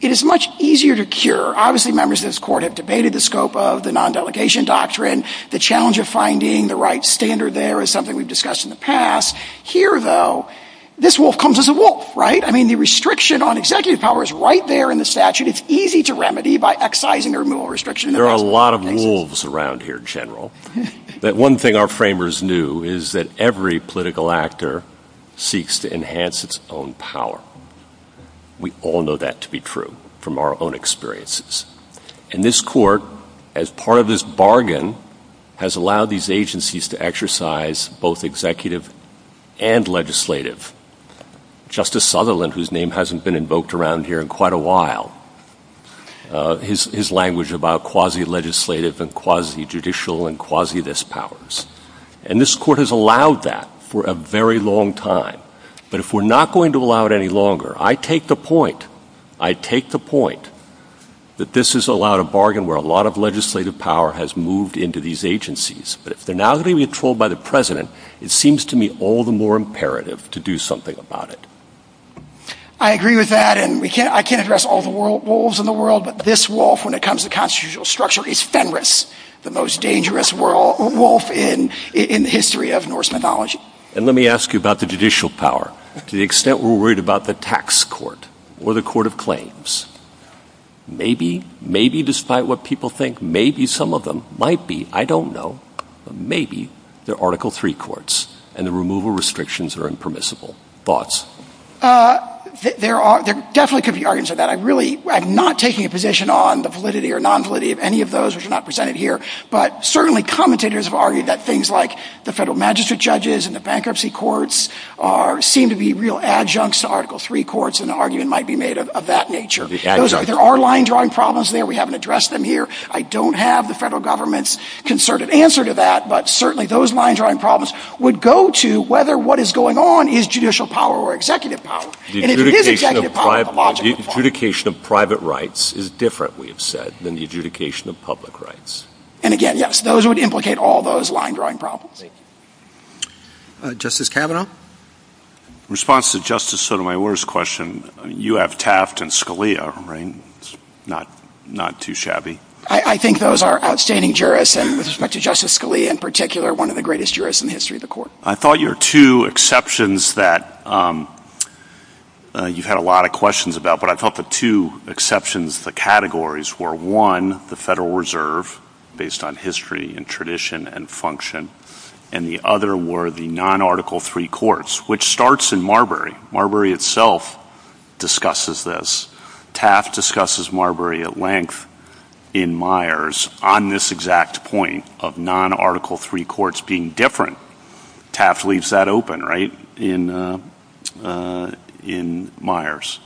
It is much easier to cure. Obviously, members of this court have debated the scope of the non-delegation doctrine. The challenge of finding the right standard there is something we've discussed in the past. Here, though, this wolf comes as a wolf, right? I mean, the restriction on executive power is right there in the statute. It's easy to remedy by excising or removing restriction. There are a lot of wolves around here, General. One thing our framers knew is that every political actor seeks to enhance its own power. We all know that to be true from our own experiences. And this court, as part of this bargain, has allowed these agencies to exercise both executive and legislative. Justice Sutherland, whose name hasn't been invoked around here in quite a while, his language about quasi-legislative and quasi-judicial and quasi-this powers. And this court has allowed that for a very long time. But if we're not going to allow it any longer, I take the point. I take the point that this has allowed a bargain where a lot of legislative power has moved into these agencies. But if they're not going to be controlled by the president, it seems to me all the more imperative to do something about it. I agree with that. And I can't address all the wolves in the world, but this wolf, when it comes to constitutional structure, is Fenris, the most dangerous wolf in the history of Norse mythology. And let me ask you about the judicial power. To the extent we're worried about the tax court or the court of claims, maybe, despite what people think, maybe some of them might be. I don't know. Maybe they're Article III courts and the removal restrictions are impermissible. Thoughts? There definitely could be arguments for that. I'm not taking a position on the validity or non-validity of any of those which are not presented here. But certainly commentators have argued that things like the federal magistrate judges and the bankruptcy courts seem to be real adjuncts to Article III courts and the argument might be made of that nature. There are line-drawing problems there. We haven't addressed them here. I don't have the federal government's concerted answer to that. But certainly, those line-drawing problems would go to whether what is going on is judicial power or executive power. And it is executive power. The adjudication of private rights is different, we have said, than the adjudication of public rights. And again, yes, those would implicate all those line-drawing problems. Justice Kavanaugh? Response to Justice Sotomayor's question. You have Taft and Scalia, right? Not too shabby. I think those are outstanding jurists, and with respect to Justice Scalia in particular, one of the greatest jurists in the history of the court. I thought your two exceptions that you had a lot of questions about, but I thought the two exceptions, the categories, were one, the Federal Reserve, based on history and tradition and function, and the other were the non-Article III courts, which starts in Marbury itself discusses this. Taft discusses Marbury at length in Myers on this exact point of non-Article III courts being different. Taft leaves that open, right, in Myers.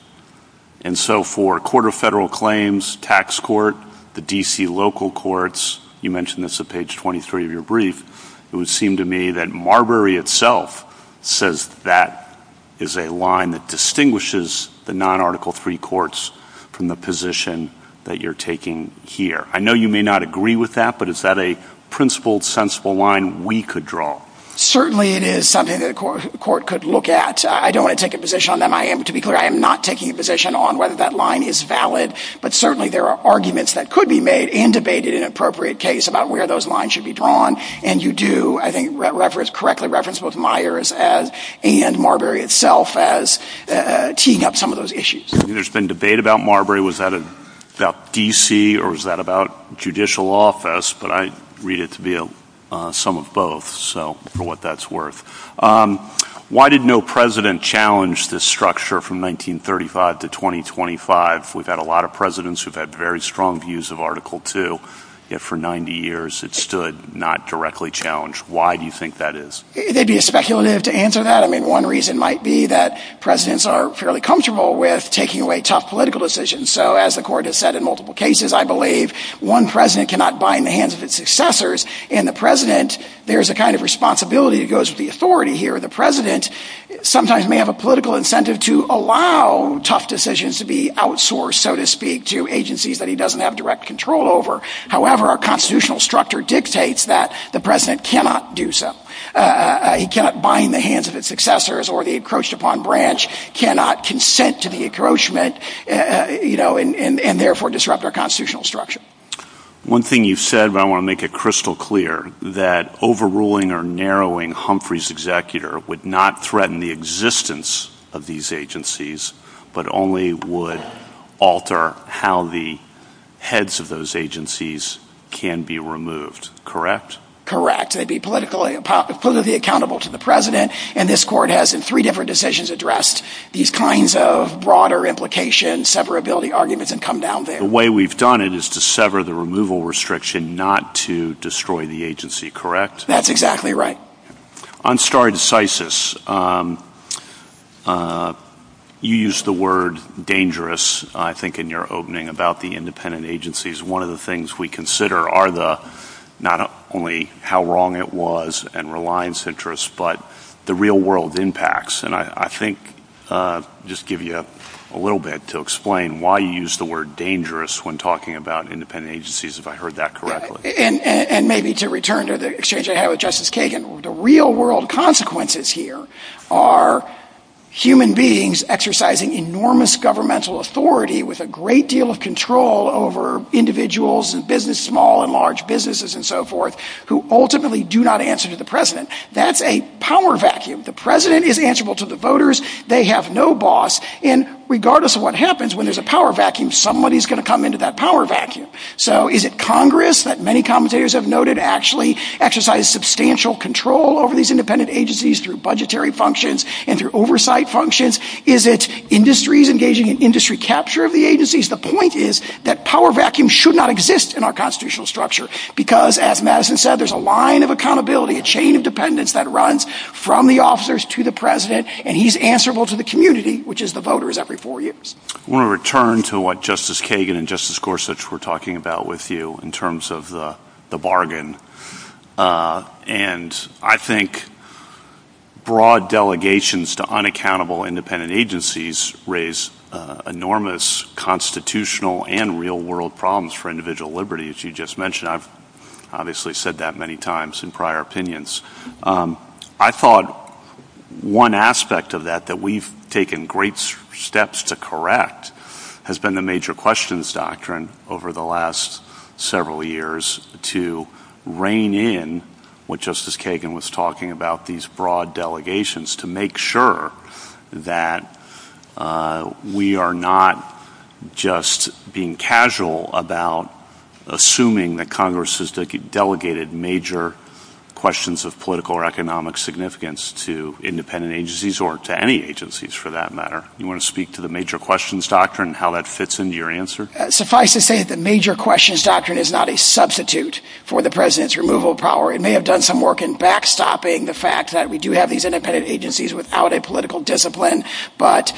And so for a court of federal claims, tax court, the D.C. local courts, you mentioned this at page 23 of your brief, it would seem to me that Marbury itself says that is a line that distinguishes the non-Article III courts from the position that you're taking here. I know you may not agree with that, but is that a principled, sensible line we could draw? Certainly it is something that a court could look at. I don't want to take a position on them. To be clear, I am not taking a position on whether that line is valid, but certainly there are arguments that could be made and debated in an appropriate case about where those lines should be drawn, and you do, I think, correctly reference both Myers and Marbury itself as teeing up some of those issues. There's been debate about Marbury. Was that about D.C. or was that about judicial office? But I read it to be some of both, so for what that's worth. Why did no president challenge this structure from 1935 to 2025? We've had a lot of presidents who've had very strong views of Article II, yet for 90 years it stood not directly challenged. Why do you think that is? It may be a speculative to answer that. One reason might be that presidents are fairly comfortable with taking away tough political decisions, so as the court has said in multiple cases, I believe one president cannot bind the hands of its successors, and the president, there's a kind of responsibility that goes to the authority here of the president, sometimes may have a political incentive to allow tough decisions to be outsourced, so to speak, to agencies that he doesn't have direct control over. However, our constitutional structure dictates that the president cannot do so. He cannot bind the hands of its successors, or the encroached upon branch cannot consent to the encroachment, and therefore disrupt our constitutional structure. One thing you've said, but I want to make it crystal clear, that overruling or narrowing Humphrey's executor would not threaten the existence of these agencies, but only would alter how the heads of those agencies can be removed, correct? They'd be politically accountable to the president, and this court has in three different decisions addressed these kinds of broader implications, severability arguments, and come down there. The way we've done it is to sever the removal restriction, not to destroy the agency, correct? That's exactly right. On stare decisis, you used the word dangerous, I think, in your opening about the independent agencies. One of the things we consider are the, not only how wrong it was and reliance interests, but the real world impacts. And I think, just give you a little bit to explain why you used the word dangerous when talking about independent agencies, if I heard that correctly. And maybe to return to the exchange I had with Justice Kagan, the real world consequences here are human beings exercising enormous governmental authority with a great deal of control over individuals and business, small and large businesses and so forth, who ultimately do not answer to the president. That's a power vacuum. The president is answerable to the voters. They have no boss. And regardless of what happens, when there's a power vacuum, somebody's going to come into that power vacuum. So is it Congress that many commentators have noted actually exercise substantial control over these independent agencies through budgetary functions and through oversight functions? Is it industries engaging in industry capture of the agencies? The point is that power vacuum should not exist in our constitutional structure, because as Madison said, there's a line of accountability, a chain of dependence that runs from the officers to the president, and he's answerable to the community, which is the voters every four years. I want to return to what Justice Kagan and Justice Gorsuch were talking about with you in terms of the bargain. And I think broad delegations to unaccountable independent agencies raise enormous constitutional and real world problems for individual liberty, as you just mentioned. I've obviously said that many times in prior opinions. I thought one aspect of that that we've taken great steps to correct has been the major questions doctrine over the last several years to rein in what Justice Kagan was talking about, these broad delegations, to make sure that we are not just being casual about assuming that Congress has delegated major questions of political or economic significance to independent agencies or to any agencies, for that matter. You want to speak to the major questions doctrine and how that fits into your answer? Suffice to say that the major questions doctrine is not a substitute for the president's removal power. It may have done some work in backstopping the fact that we do have these independent agencies without a political discipline, but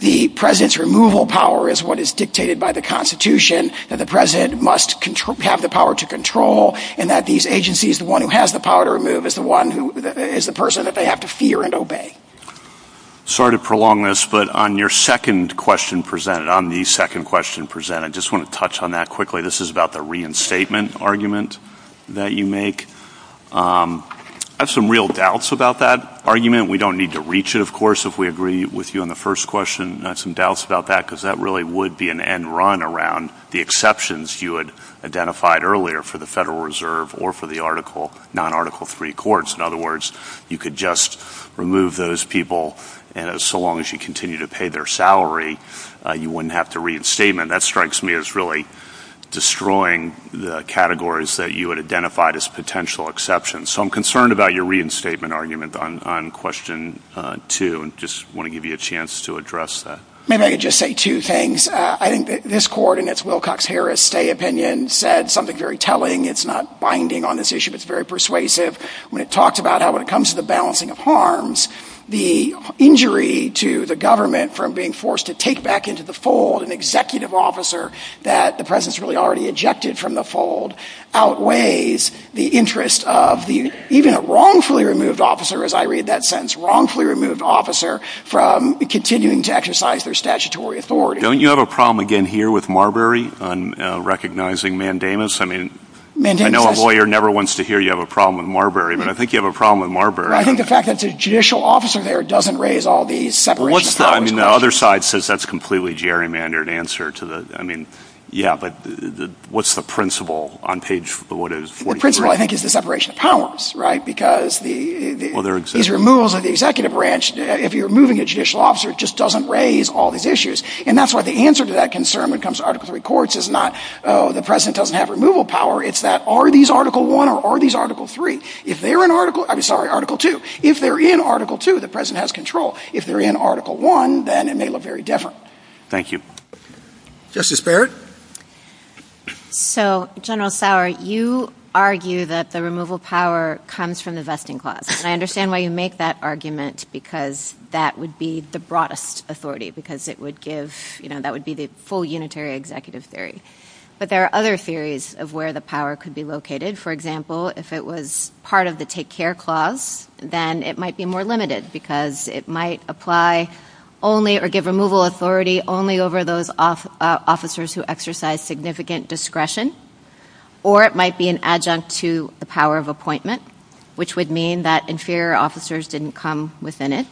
the president's removal power is what is dictated by the Constitution that the president must have the power to control and that these agencies, the one who has the power to remove, is the one who is the person that they have to fear and obey. Sorry to prolong this, but on your second question presented, on the second question presented, I just want to touch on that quickly. This is about the reinstatement argument that you make. I have some real doubts about that argument. We don't need to reach it, of course, if we agree with you on the first question. I have some doubts about that because that really would be an end run around the exceptions you had identified earlier for the Federal Reserve or for the non-Article III courts. In other words, you could just remove those people so long as you continue to pay their salary. You wouldn't have to reinstatement. That strikes me as really destroying the categories that you had identified as potential exceptions. So I'm concerned about your reinstatement argument on question two and just want to give you a chance to address that. Maybe I could just say two things. I think this court, and it's Wilcox-Harris' opinion, said something very telling. It's not binding on this issue. It's very persuasive. When it talks about how when it comes to the balancing of harms, the injury to the government from being forced to take back into the fold an executive officer that the President's really already ejected from the fold outweighs the interest of even a wrongfully removed officer, as I read that sentence, wrongfully removed officer from continuing to exercise their statutory authority. Don't you have a problem, again, here with Marbury on recognizing mandamus? I mean, I know a lawyer never wants to hear you have a problem with Marbury, but I think you have a problem with Marbury. I think the fact that the judicial officer there doesn't raise all these separation of powers issues. I mean, the other side says that's completely gerrymandered answer to the, I mean, yeah, but what's the principle on page, what is it? The principle, I think, is the separation of powers, right, because these removals of the executive branch, if you're removing a judicial officer, it just doesn't raise all these issues. And that's why the answer to that concern when it comes to Article III courts is not the President doesn't have removal power. It's that are these Article I or are these Article III? If they're in Article, I'm sorry, Article II. If they're in Article II, the President has control. If they're in Article I, then it may look very different. Thank you. Justice Barrett? So, General Sauer, you argue that the removal power comes from the vesting clause. And I understand why you make that argument, because that would be the broadest authority, because it would give, you know, that would be the full unitary executive theory. But there are other theories of where the power could be located. For example, if it was part of the Take Care Clause, then it might be more limited, because it might apply only or give removal authority only over those officers who exercise that significant discretion, or it might be an adjunct to the power of appointment, which would mean that inferior officers didn't come within it.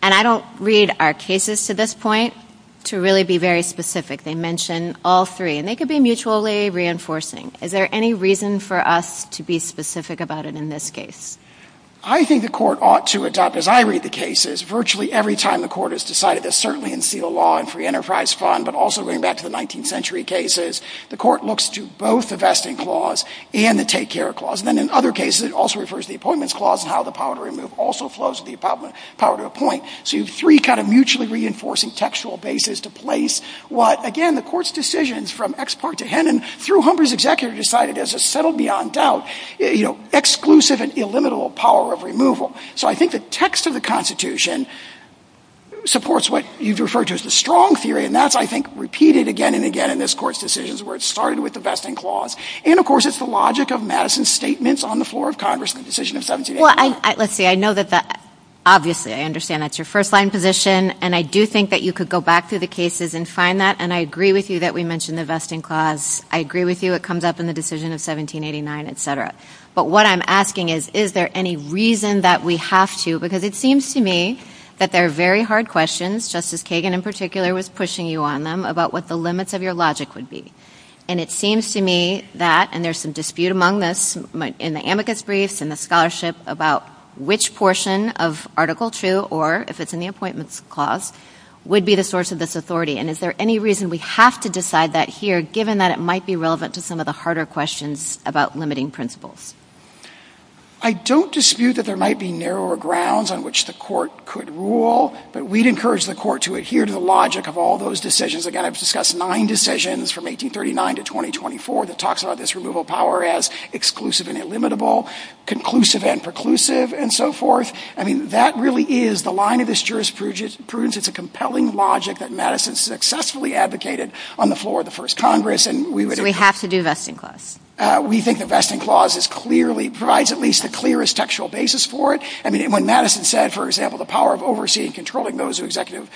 And I don't read our cases to this point to really be very specific. They mention all three, and they could be mutually reinforcing. Is there any reason for us to be specific about it in this case? I think the court ought to adopt, as I read the cases, virtually every time the court has decided that certainly in fetal law and free enterprise fund, but also going back to the 19th century cases, the court looks to both the vesting clause and the Take Care Clause. And then in other cases, it also refers to the appointments clause and how the power to remove also flows to the power to appoint. So you have three kind of mutually reinforcing textual bases to place what, again, the court's decisions from ex parte to henum, through Humber's executive, decided as a settled beyond doubt, you know, exclusive and illimitable power of removal. So I think the text of the Constitution supports what you've referred to as the strong theory. And that's, I think, repeated again and again in this court's decisions where it started with the vesting clause. And of course, it's the logic of Madison's statements on the floor of Congress, the decision of 1789. Well, let's see. I know that that, obviously, I understand that's your first line position. And I do think that you could go back through the cases and find that. And I agree with you that we mentioned the vesting clause. I agree with you. It comes up in the decision of 1789, et cetera. But what I'm asking is, is there any reason that we have to, because it seems to me that there are very hard questions, Justice Kagan in particular was pushing you on them, about what the limits of your logic would be. And it seems to me that, and there's some dispute among us in the amicus briefs and the scholarship about which portion of Article II, or if it's in the appointments clause, would be the source of this authority. And is there any reason we have to decide that here, given that it might be relevant to some of the harder questions about limiting principles? I don't dispute that there might be narrower grounds on which the court could rule. But we'd encourage the court to adhere to the logic of all those decisions. Again, I've discussed nine decisions from 1839 to 2024 that talks about this removal power as exclusive and illimitable, conclusive and preclusive, and so forth. I mean, that really is the line of this jurisprudence. It's a compelling logic that Madison successfully advocated on the floor of the first Congress. We have to do the vesting clause. We think the vesting clause provides at least the clearest textual basis for it. I mean, when Madison said, for example, the power of overseeing and controlling those who execute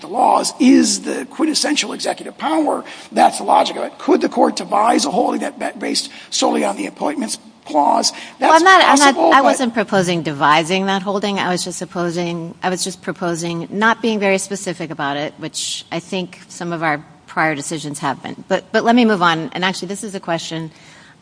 the laws is the quintessential executive power, that's the logic of it. Could the court devise a holding that's based solely on the appointments clause? I wasn't proposing devising that holding. I was just proposing not being very specific about it, which I think some of our prior decisions have been. But let me move on. And actually, this is a question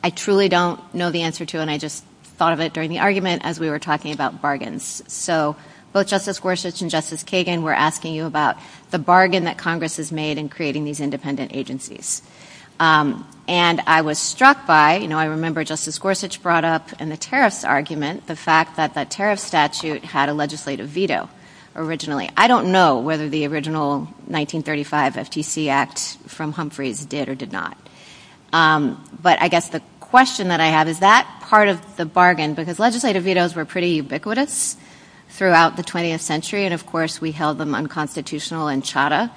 I truly don't know the answer to. And I just thought of it during the argument as we were talking about bargains. So both Justice Gorsuch and Justice Kagan were asking you about the bargain that Congress has made in creating these independent agencies. And I was struck by, you know, I remember Justice Gorsuch brought up in the tariff argument the fact that that tariff statute had a legislative veto originally. I don't know whether the original 1935 FTC Act from Humphreys did or did not. But I guess the question that I have, is that part of the bargain? Because legislative vetoes were pretty ubiquitous throughout the 20th century. And of course, we held them unconstitutional in Chadha.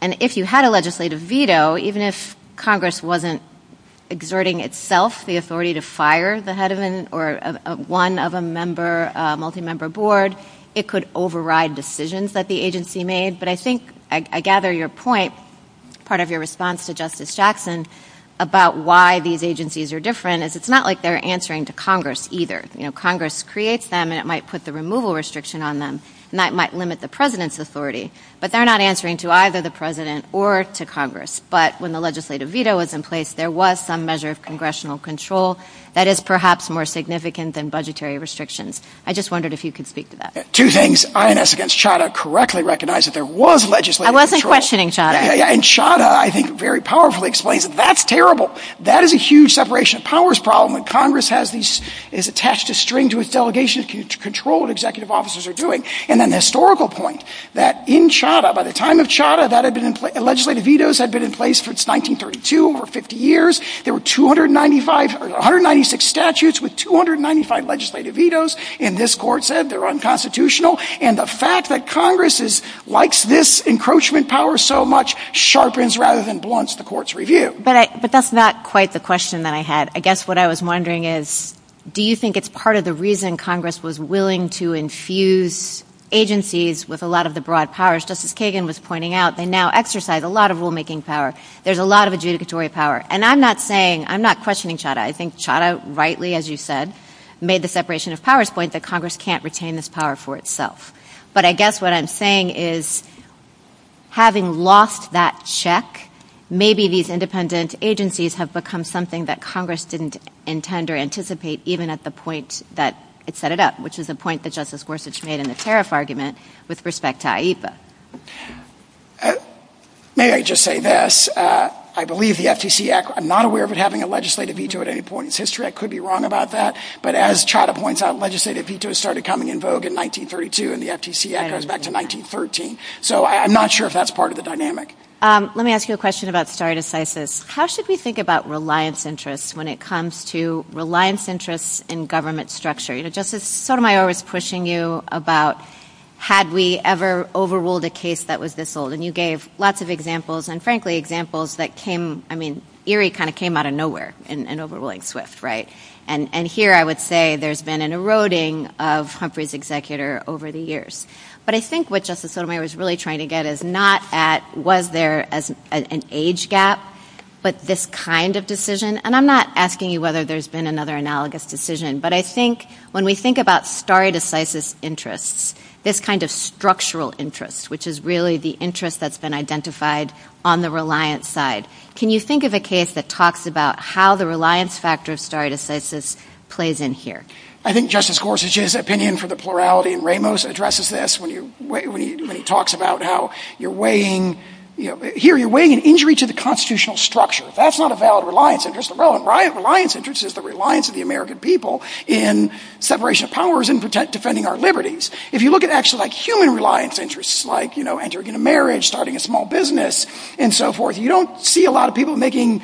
And if you had a legislative veto, even if Congress wasn't exerting itself the authority to fire the head of an or one of a member, a multi-member board, it could override decisions that the agency made. But I think I gather your point, part of your response to Justice Jackson, about why these agencies are different is it's not like they're answering to Congress either. You know, Congress creates them and it might put the removal restriction on them. And that might limit the president's authority. But they're not answering to either the president or to Congress. But when the legislative veto was in place, there was some measure of congressional control that is perhaps more significant than budgetary restrictions. I just wondered if you could speak to that. Two things, INS against Chadha correctly recognized that there was legislative control. I wasn't questioning Chadha. And Chadha, I think, very powerfully explains it. That's terrible. That is a huge separation of powers problem. And Congress has these, is attached a string to its delegation to control what executive officers are doing. And then the historical point that in Chadha, by the time of Chadha, that had been in place, legislative vetoes had been in place since 1932, over 50 years. There were 296 statutes with 295 legislative vetoes. And this court said they're unconstitutional. And the fact that Congress likes this encroachment power so much sharpens rather than blunts the court's review. But that's not quite the question that I had. I guess what I was wondering is, do you think it's part of the reason Congress was willing to infuse agencies with a lot of the broad powers? Justice Kagan was pointing out they now exercise a lot of rulemaking power. There's a lot of adjudicatory power. And I'm not saying, I'm not questioning Chadha. I think Chadha rightly, as you said, made the separation of powers point that Congress can't retain this power for itself. But I guess what I'm saying is, having lost that check, maybe these independent agencies have become something that Congress didn't intend or anticipate even at the point that it set it up, which is a point that Justice Gorsuch made in the tariff argument with respect to AIPA. May I just say this? I believe the FTC, I'm not aware of it having a legislative veto at any point in history. I could be wrong about that. But as Chadha points out, legislative vetoes started coming in vogue in 1932 and the FTC echoes back to 1913. So I'm not sure if that's part of the dynamic. Let me ask you a question about stare decisis. How should we think about reliance interests when it comes to reliance interests in government structure? Justice Sotomayor was pushing you about, had we ever overruled a case that was this old? And you gave lots of examples, and frankly, examples that came, I mean, eerie kind of came out of nowhere in overruling Swift, right? And here I would say there's been an eroding of Humphrey's executor over the years. But I think what Justice Sotomayor was really trying to get is not at, was there an age gap, but this kind of decision. And I'm not asking you whether there's been another analogous decision. But I think when we think about stare decisis interests, this kind of structural interest, which is really the interest that's been identified on the reliance side. Can you think of a case that talks about how the reliance factor stare decisis plays in here? I think Justice Gorsuch's opinion for the plurality in Ramos addresses this when he talks about how you're weighing, here you're weighing an injury to the constitutional structure. That's not a valid reliance interest. Reliance interest is the reliance of the American people in separation of powers and defending our liberties. If you look at actually human reliance interests, like entering into marriage, starting a small business, and so forth, you don't see a lot of people making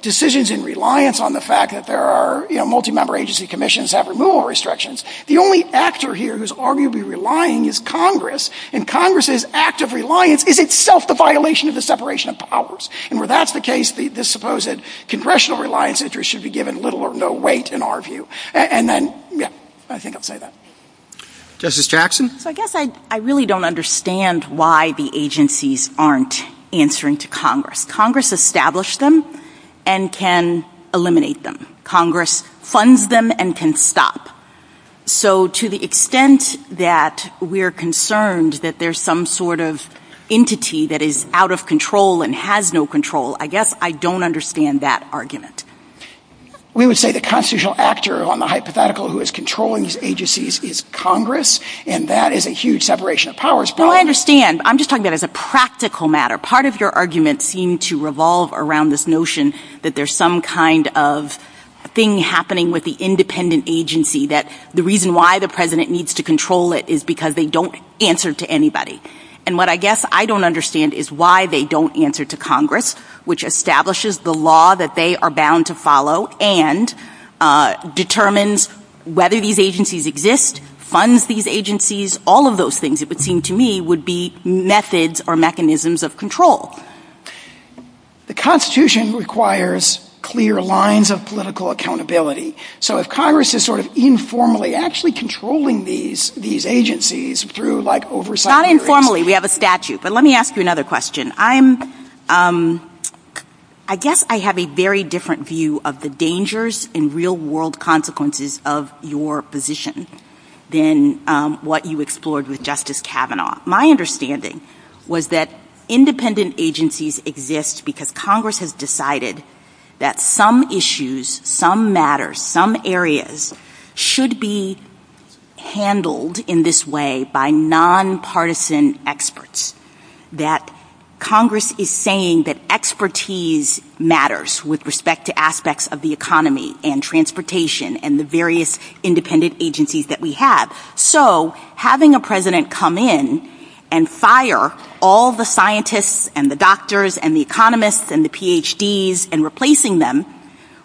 decisions in reliance on the fact that there are multi-member agency commissions that have removal restrictions. The only actor here who's arguably relying is Congress. And Congress's act of reliance is itself the violation of the separation of powers. And where that's the case, the supposed congressional reliance interest should be given little or no weight in our view. And then, yeah, I think I'll say that. Justice Jackson? So I guess I really don't understand why the agencies aren't answering to Congress. Congress established them and can eliminate them. Congress funds them and can stop. So to the extent that we're concerned that there's some sort of entity that is out of and has no control, I guess I don't understand that argument. We would say the constitutional actor on the hypothetical who is controlling these agencies is Congress. And that is a huge separation of powers. Well, I understand. I'm just talking about it as a practical matter. Part of your argument seemed to revolve around this notion that there's some kind of thing happening with the independent agency that the reason why the president needs to control it is because they don't answer to anybody. And what I guess I don't understand is why they don't answer to Congress, which establishes the law that they are bound to follow and determines whether these agencies exist, funds these agencies, all of those things, it would seem to me, would be methods or mechanisms of control. The Constitution requires clear lines of political accountability. So if Congress is sort of informally actually controlling these agencies through like oversight Not informally, we have a statute. But let me ask you another question. I guess I have a very different view of the dangers and real world consequences of your position than what you explored with Justice Kavanaugh. My understanding was that independent agencies exist because Congress has decided that some issues, some matters, some areas should be handled in this way by nonpartisan experts. That Congress is saying that expertise matters with respect to aspects of the economy and transportation and the various independent agencies that we have. So having a president come in and fire all the scientists and the doctors and the economists and the PhDs and replacing them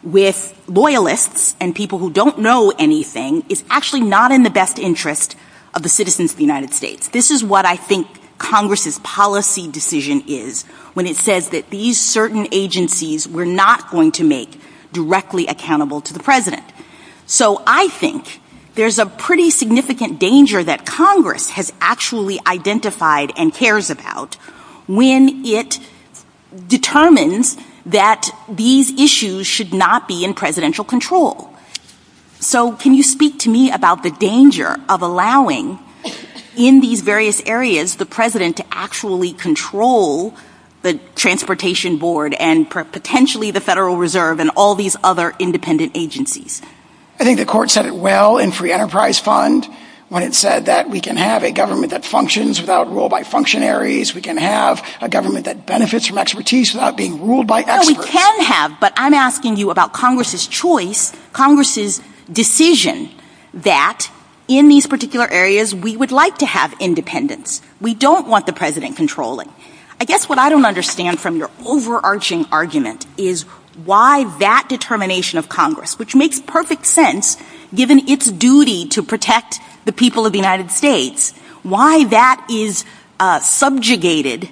with loyalists and people who don't know anything is actually not in the best interest of the citizens of the United States. This is what I think Congress's policy decision is when it says that these certain agencies were not going to make directly accountable to the president. So I think there's a pretty significant danger that Congress has actually identified and cares about when it determines that these issues should not be in presidential control. So can you speak to me about the danger of allowing in these various areas the president to actually control the transportation board and potentially the Federal Reserve and all these other independent agencies? I think the court said it well in Free Enterprise Fund when it said that we can have a government that functions without rule by functionaries. We can have a government that benefits from expertise without being ruled by experts. Well we can have but I'm asking you about Congress's choice, Congress's decision that in these particular areas we would like to have independence. We don't want the president controlling. I guess what I don't understand from your overarching argument is why that determination of Congress which makes perfect sense given its duty to protect the people of the United States, why that is subjugated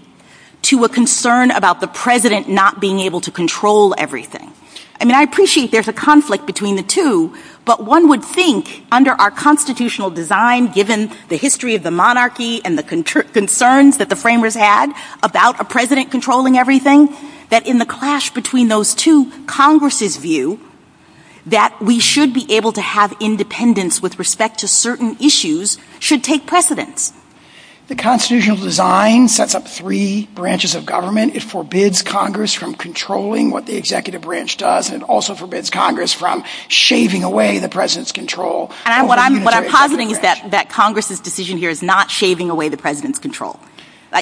to a concern about the president not being able to control everything. I mean I appreciate there's a conflict between the two but one would think under our constitutional design given the history of the monarchy and the concerns that the framers had about a president controlling everything that in the clash between those two Congress's that we should be able to have independence with respect to certain issues should take precedence. The constitutional design sets up three branches of government. It forbids Congress from controlling what the executive branch does and also forbids Congress from shaving away the president's control. And what I'm positing is that Congress's decision here is not shaving away the president's control.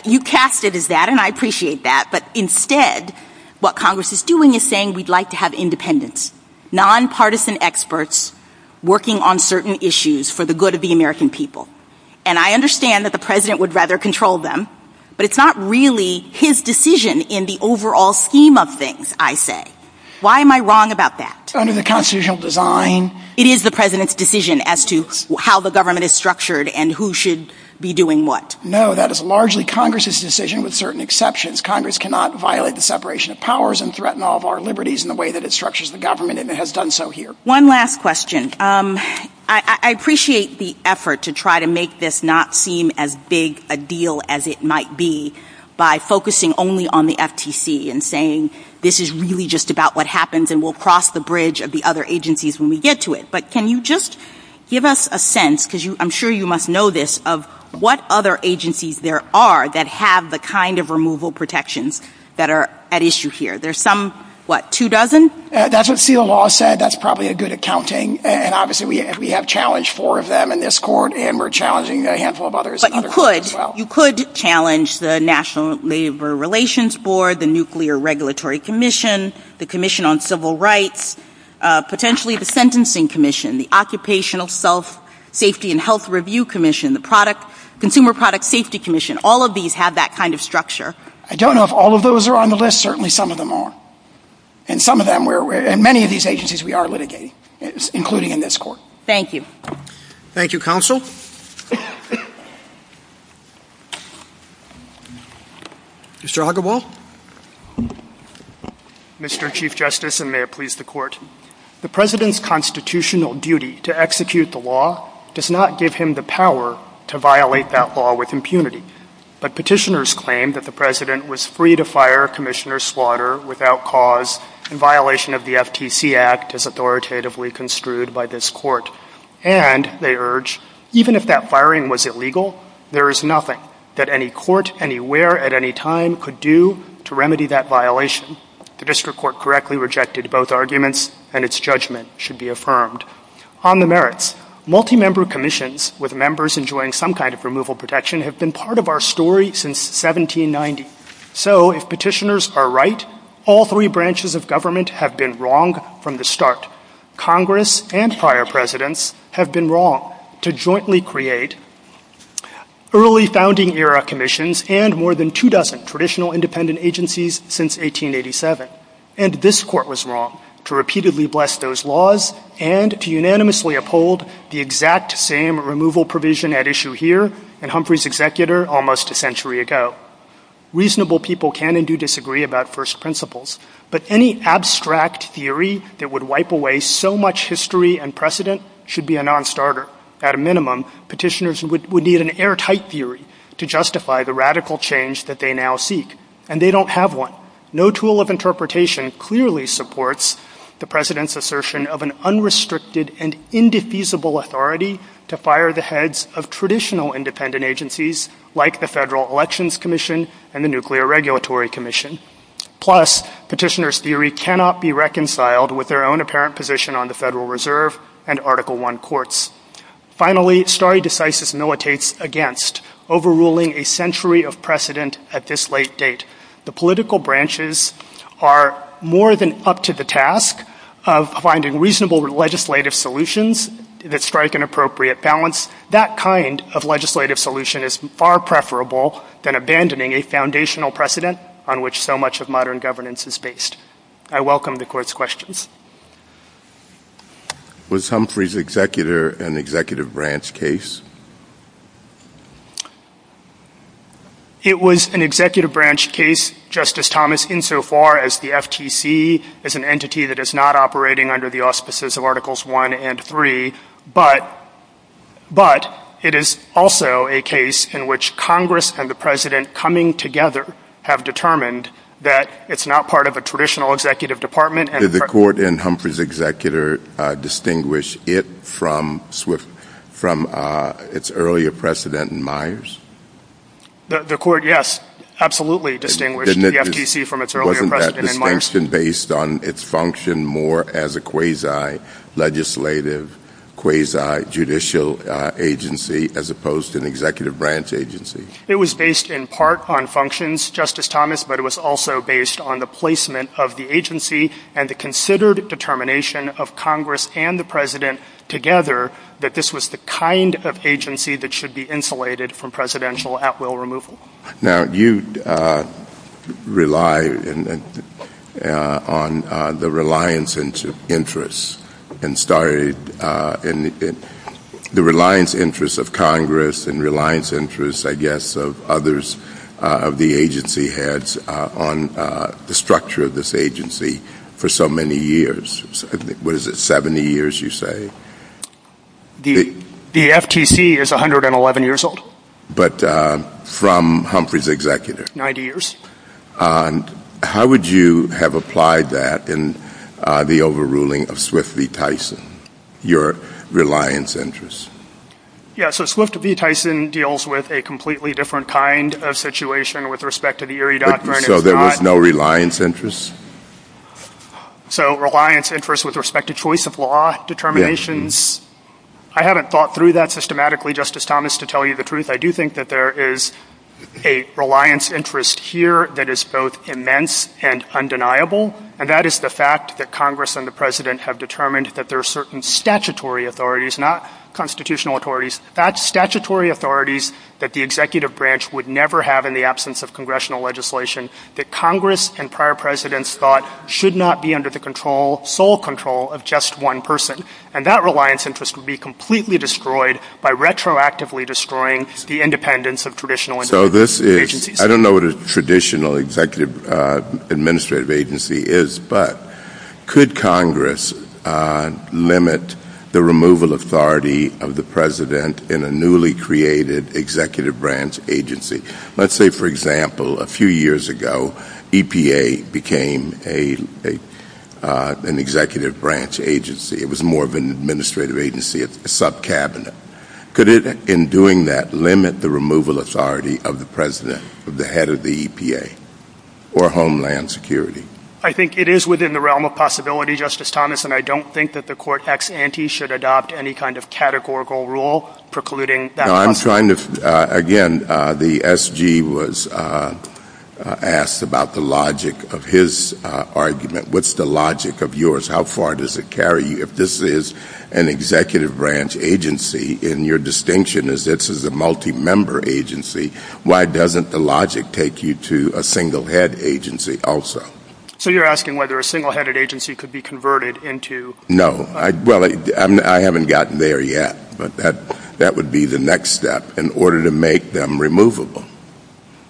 You cast it as that and I appreciate that but instead what Congress is doing is saying we'd like to have independence. Nonpartisan experts working on certain issues for the good of the American people. And I understand that the president would rather control them but it's not really his decision in the overall scheme of things I say. Why am I wrong about that? Under the constitutional design. It is the president's decision as to how the government is structured and who should be doing what. No that is largely Congress's decision with certain exceptions. Congress cannot violate the separation of powers and threaten all of our liberties in the way that it structures the government and it has done so here. One last question. I appreciate the effort to try to make this not seem as big a deal as it might be by focusing only on the FTC and saying this is really just about what happens and we'll cross the bridge of the other agencies when we get to it. But can you just give us a sense because I'm sure you must know this of what other agencies there are that have the kind of removal protections that are at issue here. There's some, what, two dozen? That's what field law said. That's probably a good accounting and obviously we have challenged four of them in this court and we're challenging a handful of others. But you could challenge the National Labor Relations Board, the Nuclear Regulatory Commission, the Commission on Civil Rights, potentially the Sentencing Commission, the Occupational Self-Safety and Health Review Commission, the Consumer Product Safety Commission. All of these have that kind of structure. I don't know if all of those are on the list. Certainly some of them are. And some of them, many of these agencies we are litigating, including in this court. Thank you. Thank you, counsel. Mr. Huggable. Mr. Chief Justice, and may it please the court. The President's constitutional duty to execute the law does not give him the power to violate that law with impunity. But petitioners claim that the President was free to fire, commission or slaughter without cause in violation of the FTC Act as authoritatively construed by this court. And they urge, even if that firing was illegal, there is nothing that any court anywhere at any time could do to remedy that violation. The district court correctly rejected both arguments and its judgment should be affirmed. On the merits, multi-member commissions with members enjoying some kind of removal protection have been part of our story since 1790. So if petitioners are right, all three branches of government have been wrong from the start. Congress and fire presidents have been wrong to jointly create early founding era commissions and more than two dozen traditional independent agencies since 1887. And this court was wrong to repeatedly bless those laws and to unanimously uphold the exact same removal provision at issue here and Humphrey's executor almost a century ago. Reasonable people can and do disagree about first principles, but any abstract theory that would wipe away so much history and precedent should be a non-starter. At a minimum, petitioners would need an airtight theory to justify the radical change that they now seek. And they don't have one. No tool of interpretation clearly supports the president's assertion of an unrestricted and indefeasible authority to fire the heads of traditional independent agencies like the Federal Elections Commission and the Nuclear Regulatory Commission. Plus, petitioners' theory cannot be reconciled with their own apparent position on the Federal Reserve and Article I courts. Finally, stare decisis militates against overruling a century of precedent at this late date. The political branches are more than up to the task of finding reasonable legislative solutions that strike an appropriate balance. That kind of legislative solution is far preferable than abandoning a foundational precedent on which so much of modern governance is based. I welcome the court's questions. Was Humphrey's executor an executive branch case? It was an executive branch case, Justice Thomas, insofar as the FTC is an entity that is not operating under the auspices of Articles I and III, but it is also a case in which Congress and the president coming together have determined that it's not part of a traditional executive department. Did the court and Humphrey's executor distinguish it from its earlier president in Myers? The court, yes, absolutely distinguished the FTC from its earlier president in Myers. Wasn't that distinction based on its function more as a quasi-legislative, quasi-judicial agency as opposed to an executive branch agency? It was based in part on functions, Justice Thomas, but it was also based on the placement of the agency and the considered determination of Congress and the president together that this was the kind of agency that should be insulated from presidential at-will removal. Now, you rely on the reliance interests of Congress and reliance interests, I guess, of others of the agency heads on the structure of this agency for so many years. What is it? Seventy years, you say? The FTC is 111 years old. But from Humphrey's executor. Ninety years. How would you have applied that in the overruling of Swift v. Tyson, your reliance interests? Yeah, so Swift v. Tyson deals with a completely different kind of situation with respect to the Erie Doctrine. So there was no reliance interests? So reliance interests with respect to choice of law determinations. I haven't thought through that systematically, Justice Thomas, to tell you the truth. I do think that there is a reliance interest here that is both immense and undeniable, and that is the fact that Congress and the president have determined that there are certain statutory authorities, not constitutional authorities. That's statutory authorities that the executive branch would never have in the absence of congressional legislation that Congress and prior presidents thought should not be under the sole control of just one person. And that reliance interest would be completely destroyed by retroactively destroying the independence of traditional agencies. I don't know what a traditional executive administrative agency is, but could Congress limit the removal authority of the president in a newly created executive branch agency? Let's say, for example, a few years ago, EPA became an executive branch agency. It was more of an administrative agency, a subcabinet. Could it, in doing that, limit the removal authority of the president, of the head of the EPA, or Homeland Security? I think it is within the realm of possibility, Justice Thomas, and I don't think that the court ex ante should adopt any kind of categorical rule precluding that possibility. No, I'm trying to, again, the SG was asked about the logic of his argument. What's the logic of yours? How far does it carry you? If this is an executive branch agency, and your distinction is this is a multi-member agency, why doesn't the logic take you to a single head agency also? So you're asking whether a single headed agency could be converted into... No. Well, I haven't gotten there yet, but that would be the next step in order to make them removable,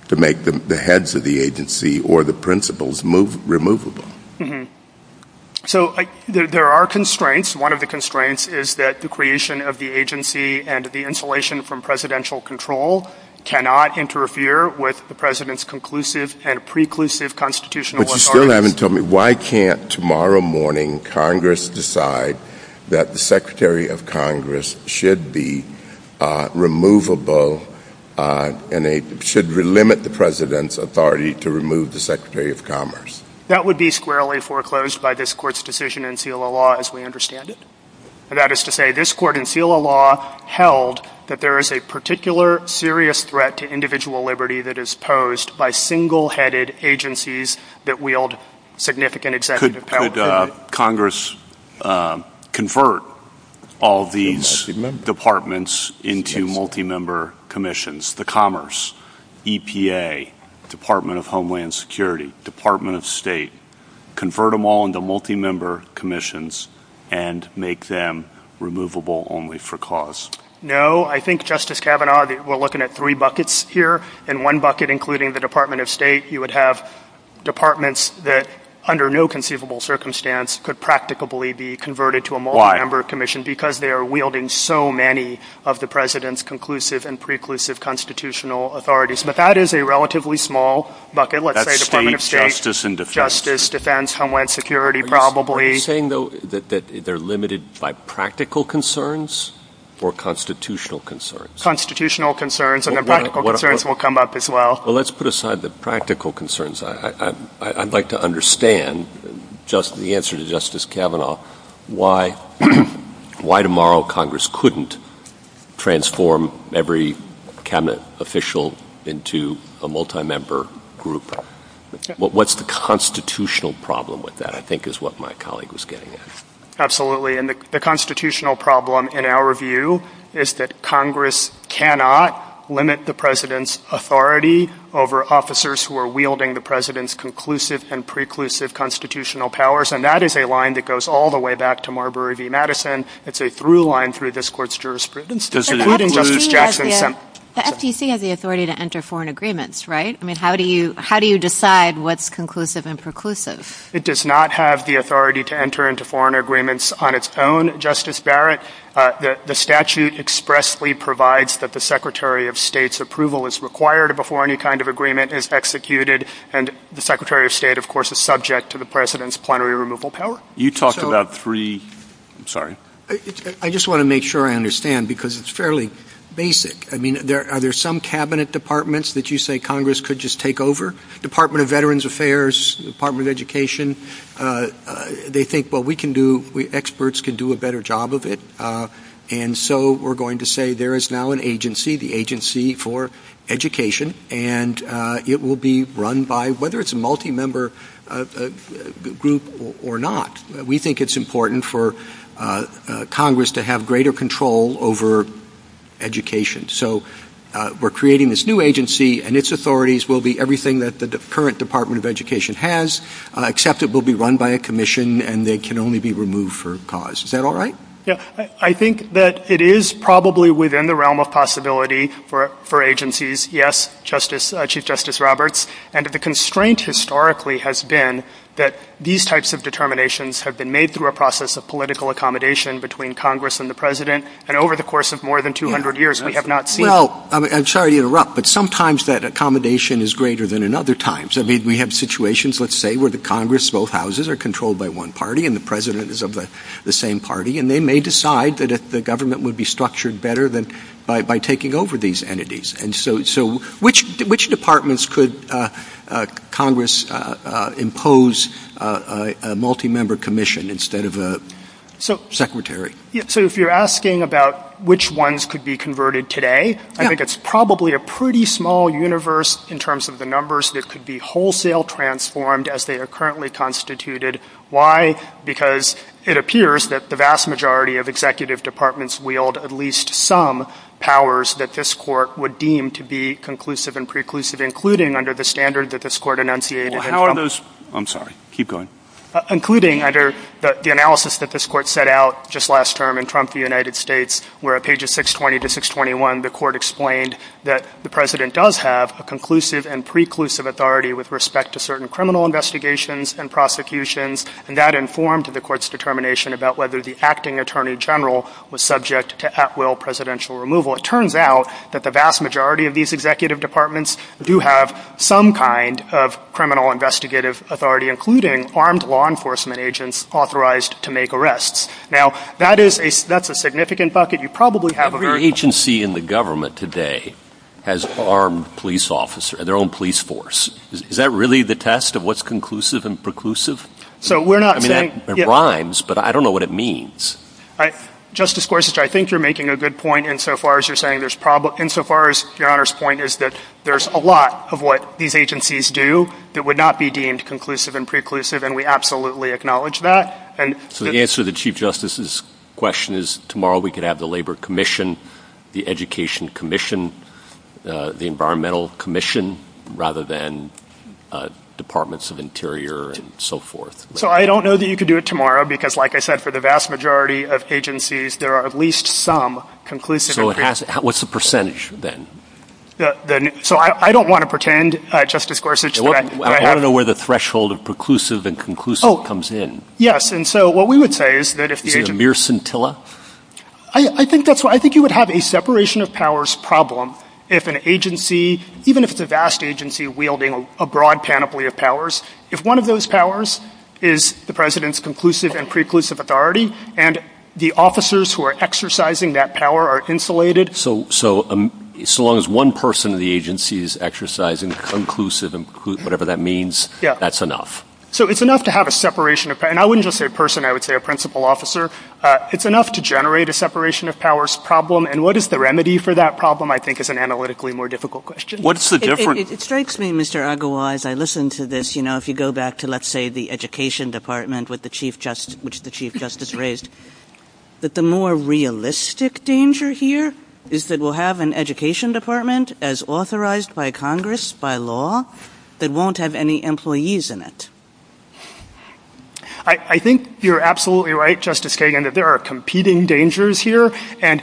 to make the heads of the agency or the principals removable. So there are constraints. One of the constraints is that the creation of the agency and the insulation from presidential control cannot interfere with the president's conclusive and preclusive constitutional authority. You still haven't told me why can't, tomorrow morning, Congress decide that the Secretary of Congress should be removable and should limit the president's authority to remove the Secretary of Commerce? That would be squarely foreclosed by this court's decision in FILA law, as we understand it. And that is to say this court in FILA law held that there is a particular serious threat to individual liberty that is posed by single headed agencies that wield significant executive power. Could Congress convert all these departments into multi-member commissions? The Commerce, EPA, Department of Homeland Security, Department of State, convert them all into multi-member commissions and make them removable only for cause? No. I think, Justice Kavanaugh, we're looking at three buckets here. In one bucket, including the Department of State, you would have departments that, under no conceivable circumstance, could practically be converted to a multi-member commission because they are wielding so many of the president's conclusive and preclusive constitutional authorities. But that is a relatively small bucket. Let's say Department of State, Justice, Defense, Homeland Security, probably. You're saying, though, that they're limited by practical concerns or constitutional concerns? Constitutional concerns. And the practical concerns will come up as well. Well, let's put aside the practical concerns. I'd like to understand, the answer to Justice Kavanaugh, why tomorrow Congress couldn't transform every cabinet official into a multi-member group. What's the constitutional problem with that? I think is what my colleague was getting at. Absolutely. And the constitutional problem, in our view, is that Congress cannot limit the president's authority over officers who are wielding the president's conclusive and preclusive constitutional powers. And that is a line that goes all the way back to Marbury v. Madison. It's a through line through this court's jurisprudence. The SEC has the authority to enter foreign agreements, right? I mean, how do you decide what's conclusive and preclusive? It does not have the authority to enter into foreign agreements on its own, Justice Barrett. The statute expressly provides that the Secretary of State's approval is required before any kind of agreement is executed. And the Secretary of State, of course, is subject to the president's plenary removal power. You talked about free, I'm sorry. I just want to make sure I understand, because it's fairly basic. I mean, are there some cabinet departments that you say Congress could just take over? Department of Veterans Affairs, Department of Education, they think, well, we can do, experts can do a better job of it. And so we're going to say there is now an agency, the Agency for Education, and it will be run by, whether it's a multi-member group or not, we think it's important for Congress to have greater control over education. So we're creating this new agency and its authorities will be everything that the current Department of Education has, except it will be run by a commission and they can only be removed for a cause. Is that all right? Yeah, I think that it is probably within the realm of possibility for agencies. Yes, Chief Justice Roberts. And the constraint historically has been that these types of determinations have been made through a process of political accommodation between Congress and the president. And over the course of more than 200 years, we have not seen. Well, I'm sorry to interrupt, but sometimes that accommodation is greater than in other times. I mean, we have situations, let's say, where the Congress, both houses are controlled by one party and the president is of the same party. And they may decide that the government would be structured better by taking over these entities. And so which departments could Congress impose a multi-member commission instead of a secretary? So if you're asking about which ones could be converted today, I think it's probably a pretty small universe in terms of the numbers that could be wholesale transformed as they are currently constituted. Why? Because it appears that the vast majority of executive departments wield at least some powers that this court would deem to be conclusive and preclusive, including under the standard that this court enunciated. How are those? I'm sorry. Keep going. Including under the analysis that this court set out just last term in Trump, the United States, where at pages 620 to 621, the court explained that the president does have a conclusive and preclusive authority with respect to certain criminal investigations and prosecutions. And that informed the court's determination about whether the acting attorney general was subject to at-will presidential removal. It turns out that the vast majority of these executive departments do have some kind of criminal investigative authority, including armed law enforcement agents authorized to make arrests. Now, that's a significant bucket. You probably have a very- Every agency in the government today has an armed police officer, their own police force. Is that really the test of what's conclusive and preclusive? So we're not- I mean, it rhymes, but I don't know what it means. Justice Gorsuch, I think you're making a good point insofar as you're saying there's a lot of what these agencies do that would not be deemed conclusive and preclusive, and we absolutely acknowledge that. And- So the answer to Chief Justice's question is tomorrow we could have the Labor Commission, the Education Commission, the Environmental Commission, rather than Departments of Interior and so forth. So I don't know that you could do it tomorrow because, like I said, for the vast majority of agencies, there are at least some conclusive- So it has- What's the percentage then? The- So I don't want to pretend, Justice Gorsuch- I want to know where the threshold of preclusive and conclusive comes in. Yes. And so what we would say is that if the- Is it a mere scintilla? I think that's what- I think you would have a separation of powers problem if an agency, even if it's a vast agency wielding a broad panoply of powers, if one of those powers is the president's conclusive and preclusive authority, and the officers who are exercising that power are insulated- So as long as one person in the agency is exercising conclusive and preclusive, whatever that means, that's enough. So it's enough to have a separation of- and I wouldn't just say person, I would say a principal officer. It's enough to generate a separation of powers problem. And what is the remedy for that problem, I think, is an analytically more difficult question. What's the difference- It strikes me, Mr. Agarwal, as I listen to this, you know, if you go back to, let's say, the Education Department, which the Chief Justice raised, that the more realistic danger here is that we'll have an education department, as authorized by Congress, by law, that won't have any employees in it. I think you're absolutely right, Justice Kagan, that there are competing dangers here, and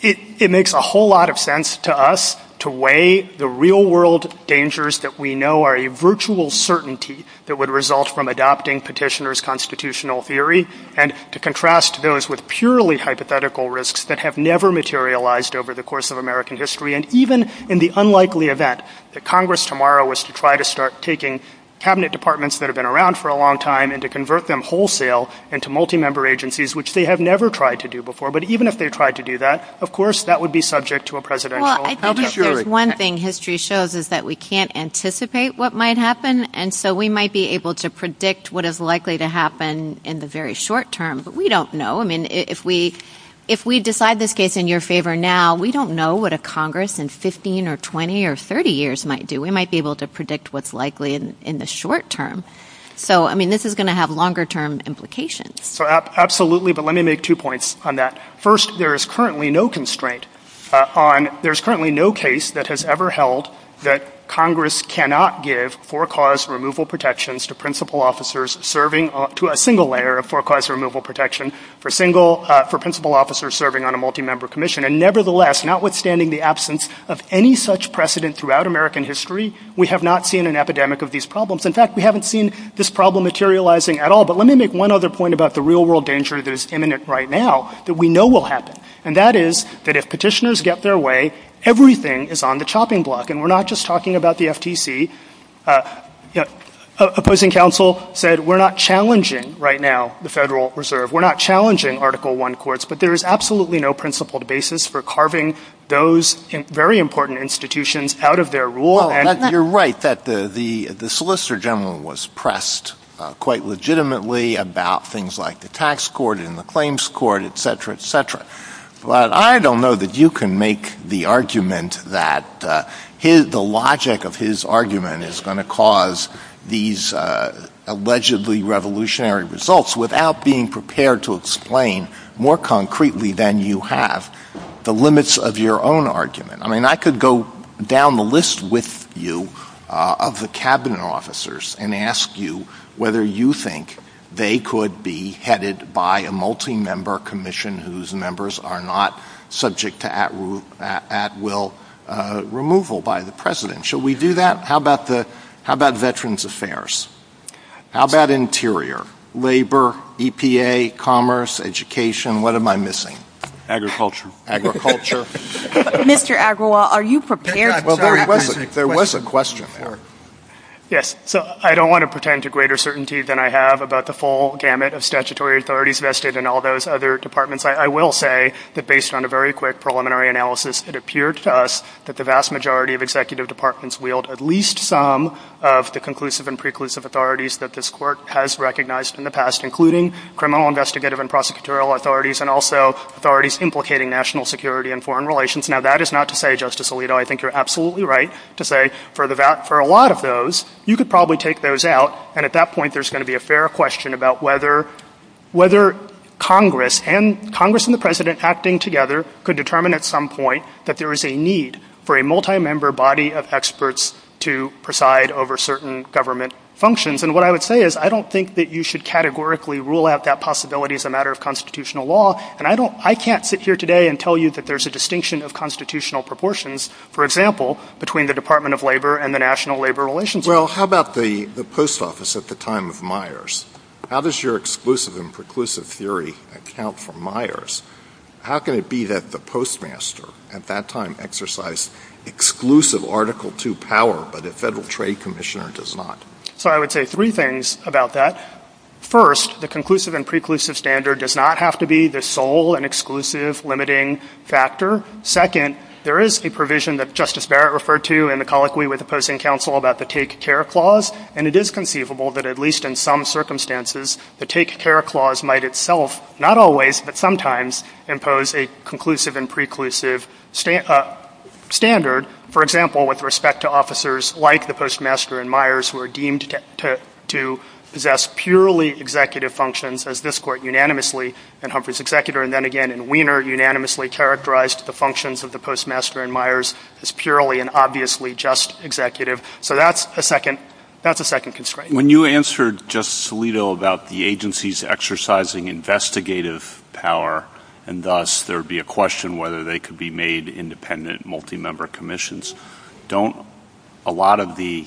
it makes a whole lot of sense to us to weigh the real-world dangers that we know are a virtual certainty that would result from adopting petitioner's constitutional theory. And to contrast those with purely hypothetical risks that have never materialized over the course of American history. And even in the unlikely event that Congress tomorrow was to try to start taking cabinet departments that have been around for a long time and to convert them wholesale into multi-member agencies, which they have never tried to do before. But even if they tried to do that, of course, that would be subject to a presidential- Well, I think there's one thing history shows is that we can't anticipate what might happen. And so we might be able to predict what is likely to happen in the very short term. But we don't know. I mean, if we decide this case in your favor now, we don't know what a Congress in 15 or 20 or 30 years might do. We might be able to predict what's likely in the short term. So, I mean, this is going to have longer-term implications. So absolutely. But let me make two points on that. First, there is currently no constraint. There's currently no case that has ever held that Congress cannot give for-cause removal protections to principal officers serving-to a single layer of for-cause removal protection for principal officers serving on a multi-member commission. And nevertheless, notwithstanding the absence of any such precedent throughout American history, we have not seen an epidemic of these problems. In fact, we haven't seen this problem materializing at all. But let me make one other point about the real-world danger that is imminent right now that we know will happen. And that is that if petitioners get their way, everything is on the chopping block. And we're not just talking about the FTC. Opposing counsel said, we're not challenging right now the Federal Reserve. We're not challenging Article I courts. But there is absolutely no principled basis for carving those very important institutions out of their rule. And you're right that the Solicitor General was pressed quite legitimately about things like the tax court and the claims court, et cetera, et cetera. But I don't know that you can make the argument that the logic of his argument is going to cause these allegedly revolutionary results without being prepared to explain more concretely than you have the limits of your own argument. I mean, I could go down the list with you of the cabinet officers and ask you whether you think they could be headed by a multi-member commission whose members are not subject to at-will removal by the president. Should we do that? How about Veterans Affairs? How about Interior? Labor, EPA, commerce, education. What am I missing? Agriculture. Mr. Agrawal, are you prepared? There was a question there. Yes. So I don't want to pretend to greater certainty than I have about the full gamut of statutory authorities vested in all those other departments. I will say that based on a very quick preliminary analysis, it appeared to us that the vast majority of executive departments wield at least some of the conclusive and preclusive authorities that this court has recognized in the past, including criminal investigative and prosecutorial authorities and also authorities implicating national security and foreign relations. Now, that is not to say, Justice Alito, I think you're absolutely right to say for a lot of those, you could probably take those out. And at that point, there's going to be a fair question about whether Congress and the president acting together could determine at some point that there is a need for a multi-member body of experts to preside over certain government functions. And what I would say is I don't think that you should categorically rule out that possibility as a matter of constitutional law. And I can't sit here today and tell you that there's a distinction of constitutional proportions, for example, between the Department of Labor and the National Labor Relations Office. Well, how about the post office at the time of Myers? How does your exclusive and preclusive theory account for Myers? How can it be that the postmaster at that time exercised exclusive Article II power, but the Federal Trade Commissioner does not? So I would say three things about that. First, the conclusive and preclusive standard does not have to be the sole and exclusive limiting factor. Second, there is a provision that Justice Barrett referred to in the colloquy with opposing counsel about the Take Care Clause. And it is conceivable that at least in some circumstances, the Take Care Clause might itself not always but sometimes impose a conclusive and preclusive standard, for example, with respect to officers like the postmaster and Myers who are deemed to possess purely executive functions as this Court unanimously and Humphrey's executor, and then again Weiner unanimously characterized the functions of the postmaster and Myers as purely and obviously just executive. So that's a second constraint. When you answered Justice Alito about the agencies exercising investigative power, and thus there would be a question whether they could be made independent multi-member commissions, don't a lot of the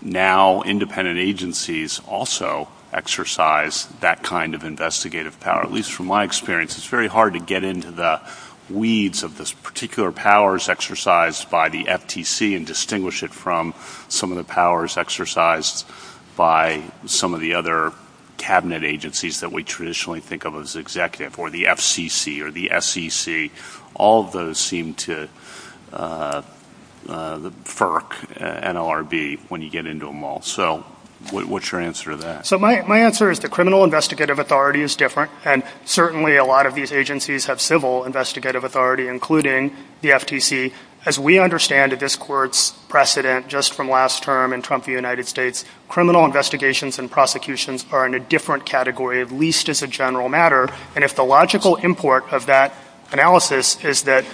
now independent agencies also exercise that kind of investigative power? At least from my experience, it's very hard to get into the weeds of this particular powers exercised by the FTC and distinguish it from some of the powers exercised by some of the other cabinet agencies that we traditionally think of as executive or the FCC or the SEC. All of those seem to furk NLRB when you get into them all. So what's your answer to that? My answer is the criminal investigative authority is different, and certainly a lot of these agencies have civil investigative authority, including the FTC. As we understand this Court's precedent just from last term in Trump v. United States, criminal investigations and prosecutions are in a different category, at least as a general matter. And if the logical import of that analysis is that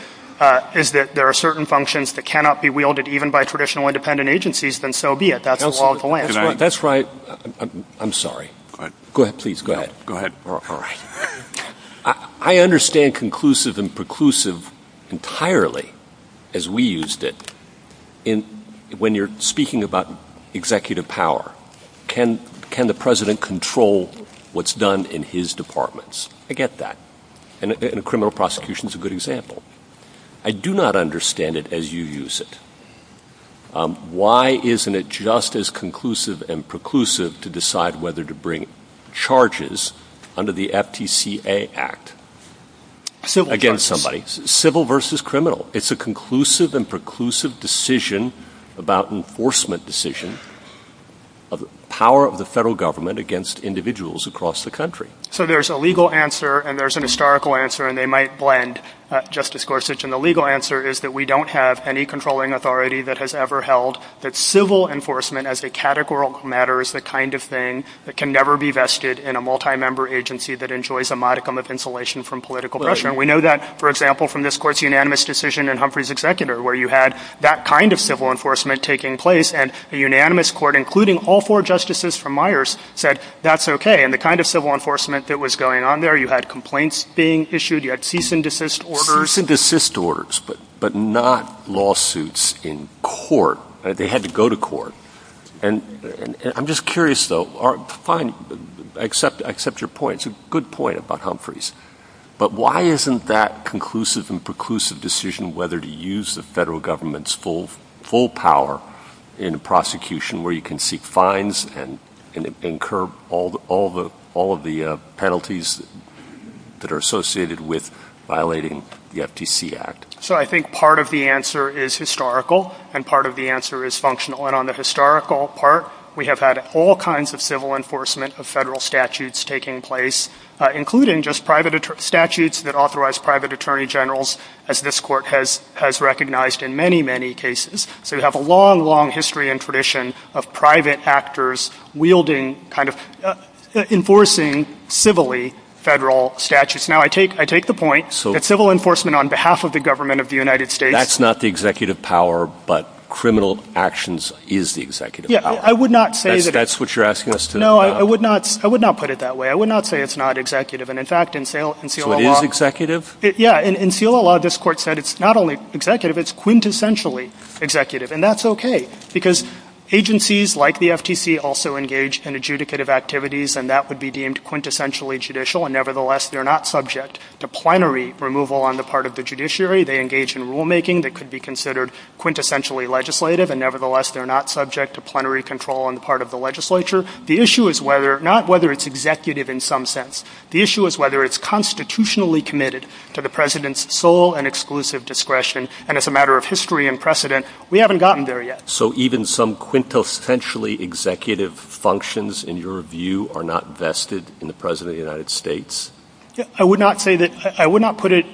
there are certain functions that cannot be wielded even by traditional independent agencies, then so be it. That's the law of the land. That's right. I'm sorry. Go ahead, please. Go ahead. Go ahead. I understand conclusive and preclusive entirely as we used it. When you're speaking about executive power, can the president control what's done in his departments? I get that. And criminal prosecution is a good example. I do not understand it as you use it. Why isn't it just as conclusive and preclusive to decide whether to bring charges under the FTCA Act against somebody? Civil versus criminal. It's a conclusive and preclusive decision about enforcement decision of the power of the federal government against individuals across the country. So there's a legal answer and there's an historical answer, and they might blend, Justice Gorsuch, and the legal answer is that we don't have any controlling authority that has ever held that civil enforcement as a categorical matter is the kind of thing that can never be vested in a multi-member agency that enjoys a modicum of insulation from political pressure. And we know that, for example, from this court's unanimous decision in Humphrey's executor, where you had that kind of civil enforcement taking place, and a unanimous court, including all four justices from Myers, said that's okay. And the kind of civil enforcement that was going on there, you had complaints being issued, you had cease and desist orders. Cease and desist orders, but not lawsuits in court. They had to go to court. And I'm just curious, though, fine, I accept your point. It's a good point about Humphrey's. But why isn't that conclusive and preclusive decision whether to use the federal government's full power in a prosecution where you can seek fines and incur all of the penalties that are associated with violating the FTC Act? So I think part of the answer is historical, and part of the answer is functional. And on the historical part, we have had all kinds of civil enforcement of federal statutes taking place, including just private statutes that authorize private attorney generals, as this court has recognized in many, many cases. So you have a long, long history and tradition of private actors wielding kind of — enforcing civilly federal statutes. Now, I take the point that civil enforcement on behalf of the government of the United States — That's not the executive power, but criminal actions is the executive power. Yeah, I would not say — That's what you're asking us to — No, I would not put it that way. I would not say it's not executive. And in fact, in Selah Law — So it is executive? Yeah, in Selah Law, this court said it's not only executive, it's quintessentially executive. And that's okay, because agencies like the FTC also engage in adjudicative activities, and that would be deemed quintessentially judicial. And nevertheless, they're not subject to plenary removal on the part of the judiciary. They engage in rulemaking that could be considered quintessentially legislative. And nevertheless, they're not subject to plenary control on the part of the legislature. The issue is whether — not whether it's executive in some sense. The issue is whether it's constitutionally committed to the president's sole and exclusive discretion. And as a matter of history and precedent, we haven't gotten there yet. So even some quintessentially executive functions, in your view, are not vested in the president of the United States? I would not say that — I would not put it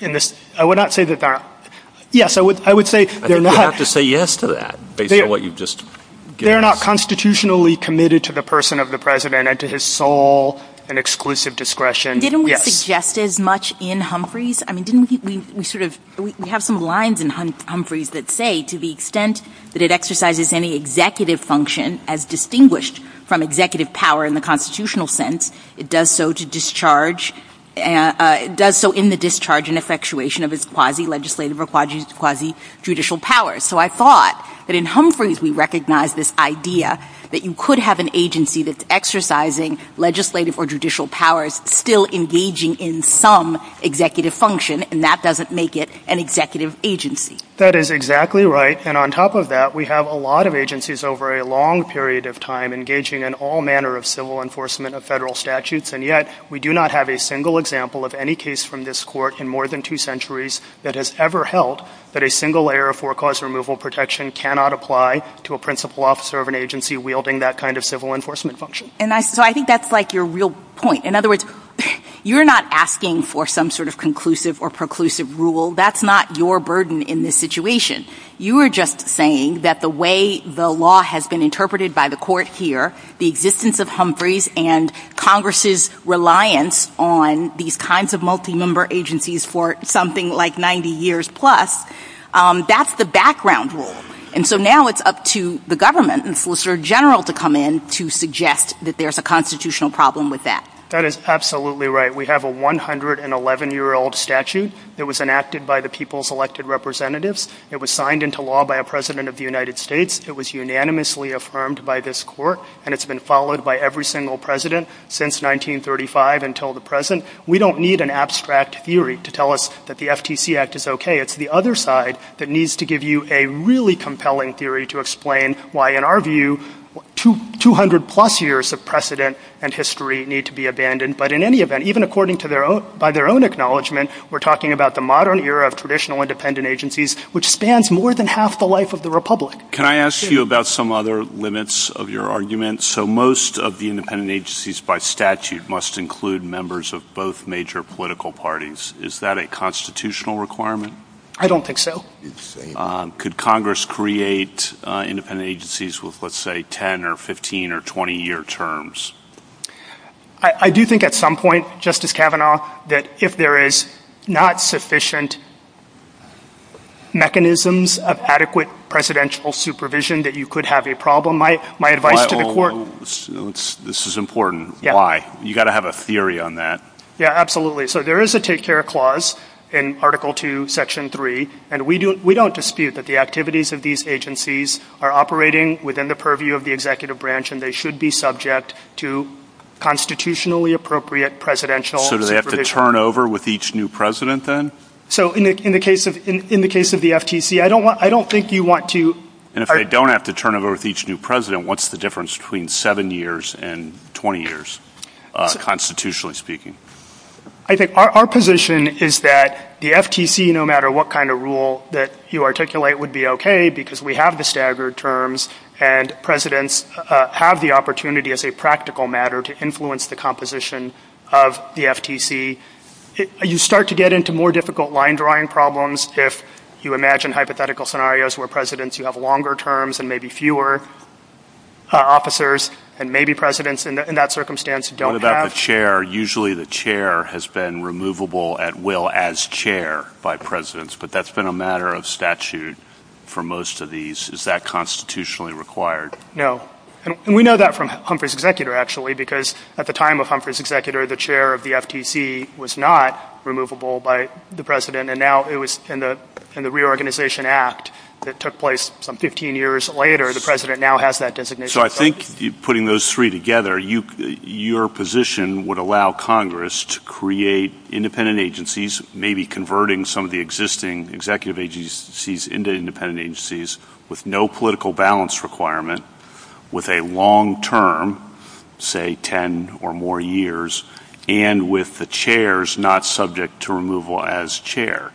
in this — I would not say that they're — yes, I would — I would say — I think you have to say yes to that, based on what you've just — They're not constitutionally committed to the person of the president and to his sole and exclusive discretion. Didn't we suggest as much in Humphreys? I mean, didn't we sort of — we have some lines in Humphreys that say, to the extent that it exercises any executive function as distinguished from executive power in the constitutional sense, it does so to discharge — it does so in the discharge and effectuation of its quasi-legislative or quasi-judicial powers. So I thought that in Humphreys, we recognize this idea that you could have an agency that's exercising legislative or judicial powers, still engaging in some executive function, and that doesn't make it an executive agency. That is exactly right. And on top of that, we have a lot of agencies over a long period of time engaging in all manner of civil enforcement of federal statutes. And yet, we do not have a single example of any case from this court in more than two centuries that has ever held that a single layer of forecast removal protection cannot apply to a principal officer of an agency wielding that kind of civil enforcement function. And so I think that's like your real point. In other words, you're not asking for some sort of conclusive or preclusive rule. That's not your burden in this situation. You are just saying that the way the law has been interpreted by the court here, the existence of Humphreys and Congress's reliance on these kinds of multi-member agencies for something like 90 years plus, that's the background rule. And so now it's up to the government and the officer general to come in to suggest that there's a constitutional problem with that. That is absolutely right. We have a 111-year-old statute that was enacted by the people's elected representatives. It was signed into law by a president of the United States. It was unanimously affirmed by this court, and it's been followed by every single president since 1935 until the present. We don't need an abstract theory to tell us that the FTC Act is okay. It's the other side that needs to give you a really compelling theory to explain why, in our view, 200-plus years of precedent and history need to be abandoned. But in any event, even by their own acknowledgement, we're talking about the modern era of traditional independent agencies, which spans more than half the life of the republic. Can I ask you about some other limits of your argument? So most of the independent agencies by statute must include members of both major political parties. Is that a constitutional requirement? I don't think so. Could Congress create independent agencies with, let's say, 10- or 15- or 20-year terms? I do think at some point, Justice Kavanaugh, that if there is not sufficient mechanisms of adequate presidential supervision, that you could have a problem. My advice to the court— This is important. Why? You've got to have a theory on that. Yeah, absolutely. So there is a take-care clause in Article 2, Section 3, and we don't dispute that the activities of these agencies are operating within the purview of the executive branch, and they should be subject to constitutionally appropriate presidential supervision. So do they have to turn over with each new president, then? So in the case of the FTC, I don't think you want to— And if they don't have to turn over with each new president, what's the difference between seven years and 20 years, constitutionally speaking? I think our position is that the FTC, no matter what kind of rule that you articulate would be okay, because we have the staggered terms, and presidents have the opportunity as a practical matter to influence the composition of the FTC, you start to get into more difficult line-drawing problems if you imagine hypothetical scenarios where presidents who have longer terms and maybe fewer officers, and maybe presidents in that circumstance don't have— The chair has been removable at will as chair by presidents, but that's been a matter of statute for most of these. Is that constitutionally required? No. And we know that from Humphrey's executor, actually, because at the time of Humphrey's executor, the chair of the FTC was not removable by the president, and now it was in the Reorganization Act that took place some 15 years later. The president now has that designation. I think putting those three together, your position would allow Congress to create independent agencies, maybe converting some of the existing executive agencies into independent agencies with no political balance requirement, with a long-term, say, 10 or more years, and with the chairs not subject to removal as chair.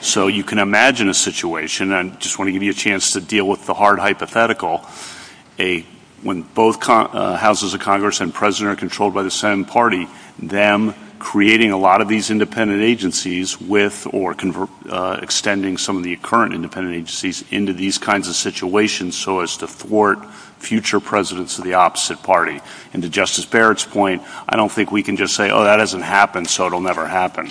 So you can imagine a situation—and I just want to give you a chance to deal with the hard hypothetical—when both houses of Congress and president are controlled by the Senate party, them creating a lot of these independent agencies with or extending some of the current independent agencies into these kinds of situations so as to thwart future presidents of the opposite party. And to Justice Barrett's point, I don't think we can just say, oh, that hasn't happened, so it'll never happen.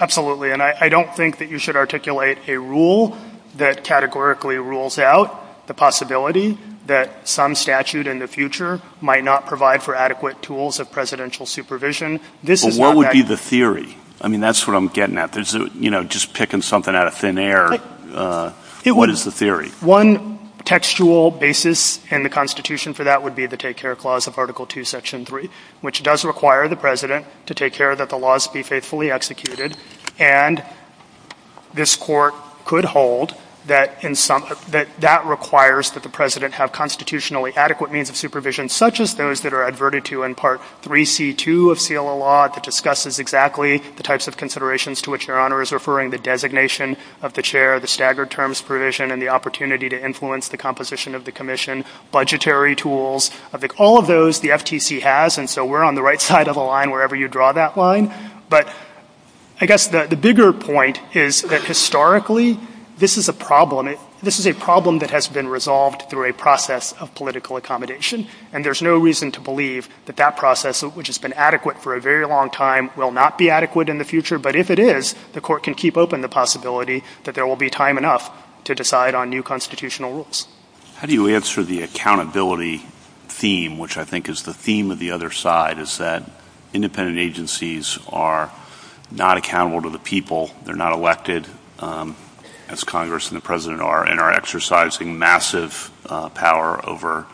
Absolutely. And I don't think that you should articulate a rule that categorically rules out the possibility that some statute in the future might not provide for adequate tools of presidential supervision. But what would be the theory? I mean, that's what I'm getting at. There's, you know, just picking something out of thin air. What is the theory? One textual basis in the Constitution for that would be the Take Care Clause of Article 2, Section 3, which does require the president to take care that the laws be faithfully executed. And this Court could hold that that requires that the president have constitutionally adequate means of supervision, such as those that are adverted to in Part 3C.2 of CLL law that discusses exactly the types of considerations to which Your Honor is referring, the designation of the chair, the staggered terms provision, and the opportunity to influence the composition of the commission, budgetary tools, all of those the FTC has, and so we're on the right side of the line wherever you draw that line. But I guess the bigger point is that historically, this is a problem. This is a problem that has been resolved through a process of political accommodation. And there's no reason to believe that that process, which has been adequate for a very long time, will not be adequate in the future. But if it is, the Court can keep open the possibility that there will be time enough to decide on new constitutional rules. How do you answer the accountability theme, which I think is the theme of the other side, is that independent agencies are not accountable to the people, they're not elected, as Congress and the president are, and are exercising massive power over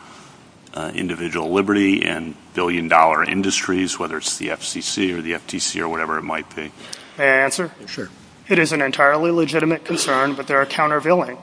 individual liberty and billion-dollar industries, whether it's the FCC or the FTC or whatever it might be? May I answer? Sure. It is an entirely legitimate concern, but there are countervailing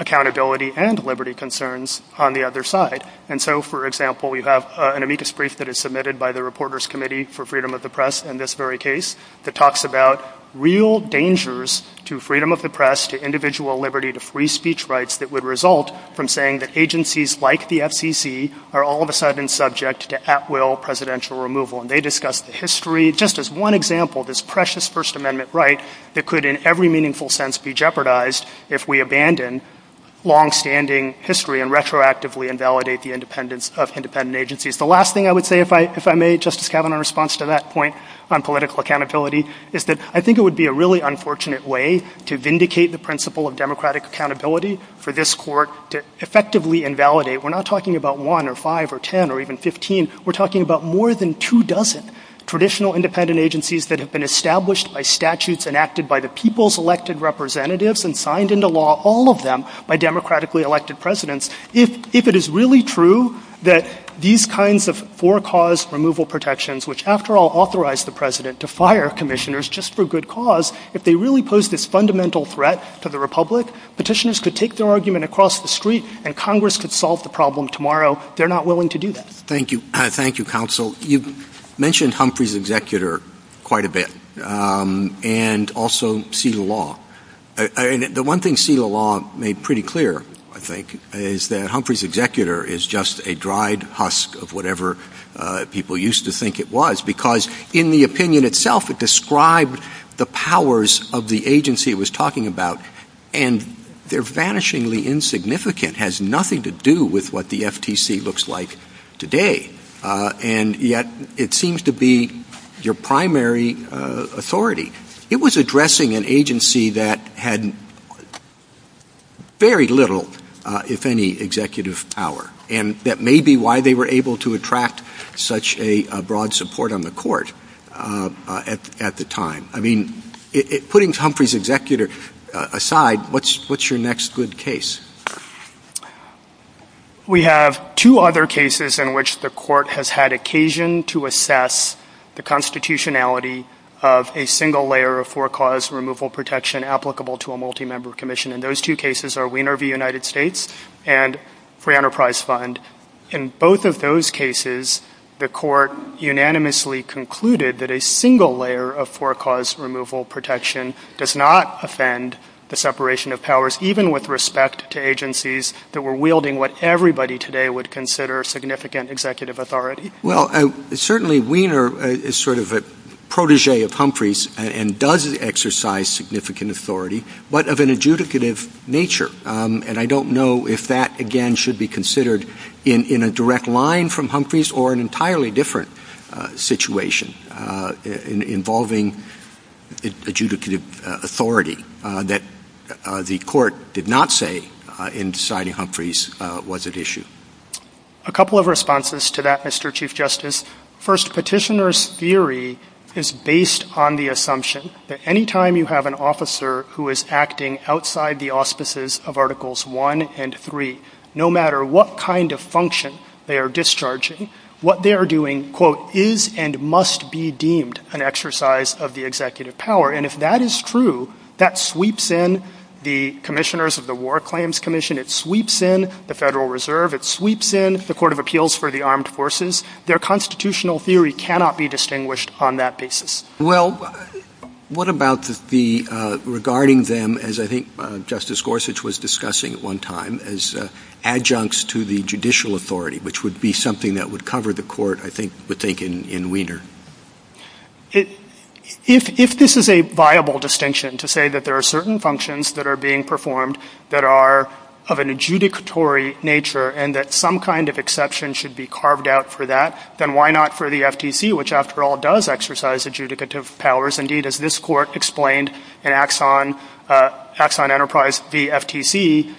accountability and liberty concerns on the other side. And so, for example, we have an amicus brief that is submitted by the Reporters' Committee for Freedom of the Press in this very case that talks about real dangers to freedom of the press, to individual liberty, to free speech rights that would result from saying that agencies like the FCC are all of a sudden subject to at-will presidential removal. And they discuss the history, just as one example, this precious First Amendment right that could, in every meaningful sense, be jeopardized if we abandon longstanding history and retroactively invalidate the independence of independent agencies. The last thing I would say, if I may, Justice Kavanaugh, in response to that point on political accountability, is that I think it would be a really unfortunate way to vindicate the principle of democratic accountability for this Court to effectively invalidate. We're not talking about one or five or 10 or even 15. We're talking about more than two dozen traditional independent agencies that have been established by statutes enacted by the people's elected representatives and signed into law, all of them, by democratically elected presidents. If it is really true that these kinds of for-cause removal protections, which after all authorize the president to fire commissioners just for good cause, if they really pose this fundamental threat to the republic, petitioners could take their argument across the street and Congress could solve the problem tomorrow. They're not willing to do that. Thank you. Thank you, Counsel. You've mentioned Humphrey's executor quite a bit and also seal the law. The one thing seal the law made pretty clear, I think, is that Humphrey's executor is just a dried husk of whatever people used to think it was, because in the opinion itself, it described the powers of the agency it was talking about, and they're vanishingly insignificant, has nothing to do with what the FTC looks like today, and yet it seems to be your primary authority. It was addressing an agency that had very little, if any, executive power, and that may be why they were able to attract such a broad support on the court at the time. I mean, putting Humphrey's executor aside, what's your next good case? We have two other cases in which the court has had occasion to assess the constitutionality of a single layer of forecaused removal protection applicable to a multi-member commission, and those two cases are Wiener v. United States and Free Enterprise Fund. In both of those cases, the court unanimously concluded that a single layer of forecaused removal protection does not offend the separation of powers, even with respect to agencies that were wielding what everybody today would consider significant executive authority. Well, certainly Wiener is sort of a protege of Humphrey's and does exercise significant authority, but of an adjudicative nature, and I don't know if that, again, should be considered in a direct line from Humphrey's or an entirely different situation involving adjudicative authority that the court did not say in deciding Humphrey's was at issue. A couple of responses to that, Mr. Chief Justice. First, petitioner's theory is based on the assumption that any time you have an officer who is acting outside the auspices of Articles 1 and 3, no matter what kind of function they are discharging, what they are doing, quote, is and must be deemed an exercise of the executive power, and if that is true, that sweeps in the commissioners of the War Claims Commission, it sweeps in the Federal Reserve, it sweeps in the Court of Appeals for the Armed Forces. Their constitutional theory cannot be distinguished on that basis. Well, what about regarding them, as I think Justice Gorsuch was discussing at one time, as adjuncts to the judicial authority, which would be something that would cover the court, I think, in Wiener? If this is a viable distinction, to say that there are certain functions that are being performed that are of an adjudicatory nature, and that some kind of exception should be carved out for that, then why not for the FTC, which, after all, does exercise adjudicative powers, indeed, as this Court explained in Axon Enterprise, the FTC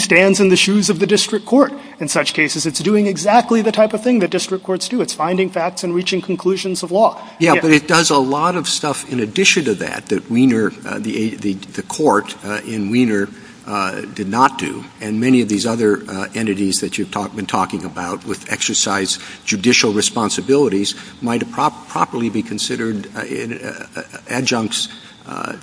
stands in the shoes of the district court in such cases. It's doing exactly the type of thing that district courts do. It's finding facts and reaching conclusions of law. Yeah, but it does a lot of stuff in addition to that that Wiener, the court in Wiener did not do. And many of these other entities that you've been talking about, which exercise judicial responsibilities, might properly be considered adjuncts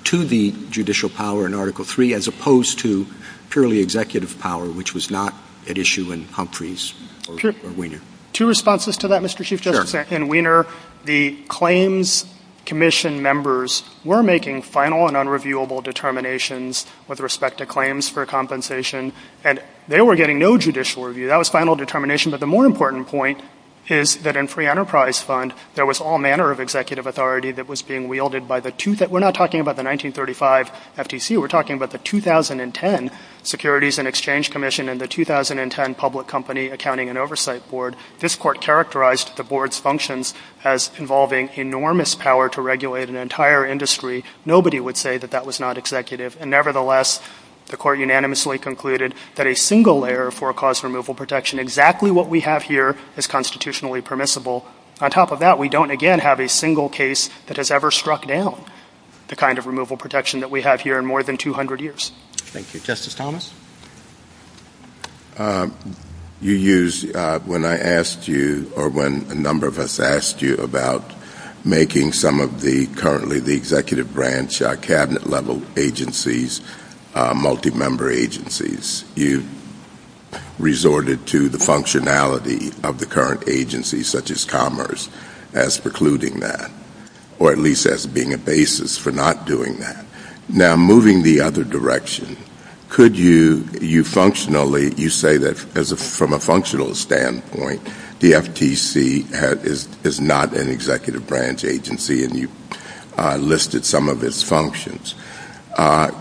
to the judicial power in Article III, as opposed to purely executive power, which was not at issue in Humphreys or Wiener. Two responses to that, Mr. Chief Justice. In Wiener, the Claims Commission members were making final and unreviewable determinations with respect to claims for compensation. And they were getting no judicial review. That was final determination. But the more important point is that in Free Enterprise Fund, there was all manner of executive authority that was being wielded by the—we're not talking about the 1935 FTC. We're talking about the 2010 Securities and Exchange Commission and the 2010 Public Company Accounting and Oversight Board. This court characterized the board's functions as involving enormous power to regulate an entire industry. Nobody would say that that was not executive. And nevertheless, the court unanimously concluded that a single layer for a cause of removal protection, exactly what we have here, is constitutionally permissible. On top of that, we don't, again, have a single case that has ever struck down the kind of removal protection that we have here in more than 200 years. Thank you. Justice Thomas? You used—when I asked you, or when a number of us asked you about making some of the—currently the executive branch, cabinet-level agencies, multi-member agencies, you resorted to the functionality of the current agencies, such as Commerce, as precluding that, or at least as being a basis for not doing that. Now, moving the other direction, could you functionally—you say that from a functional standpoint, the FTC is not an executive branch agency, and you listed some of its functions.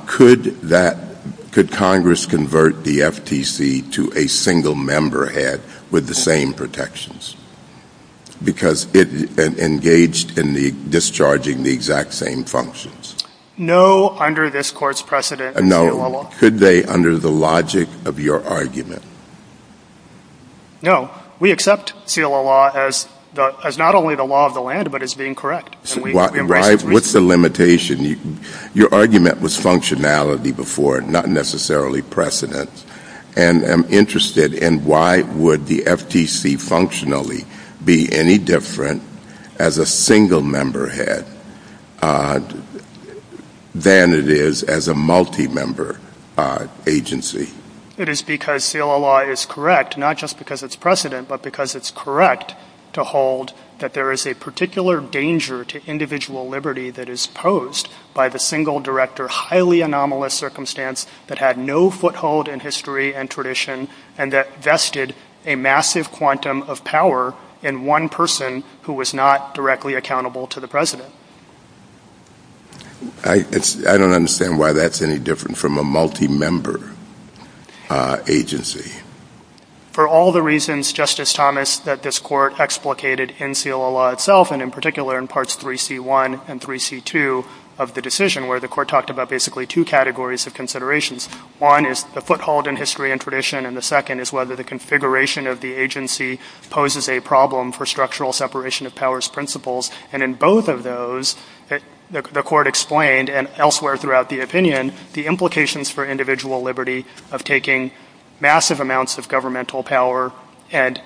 Could Congress convert the FTC to a single-member head with the same protections, because it engaged in discharging the exact same functions? No, under this Court's precedent. No. Could they, under the logic of your argument? No. We accept CLA law as not only the law of the land, but as being correct. What's the limitation? Your argument was functionality before, not necessarily precedence. And I'm interested in why would the FTC functionally be any different as a single-member head than it is as a multi-member agency. It is because CLA law is correct, not just because it's precedent, but because it's correct to hold that there is a particular danger to individual liberty that is posed by the single director, highly anomalous circumstance that had no foothold in history and tradition, and that vested a massive quantum of power in one person who was not directly accountable to the president. I don't understand why that's any different from a multi-member agency. For all the reasons, Justice Thomas, that this Court explicated in CLA law itself, and in particular in parts 3C1 and 3C2 of the decision, where the Court talked about basically two categories of considerations. One is the foothold in history and tradition, and the second is whether the configuration of the agency poses a problem for structural separation of powers principles. And in both of those, the Court explained, and elsewhere throughout the opinion, the implications for individual liberty of taking massive amounts of governmental power and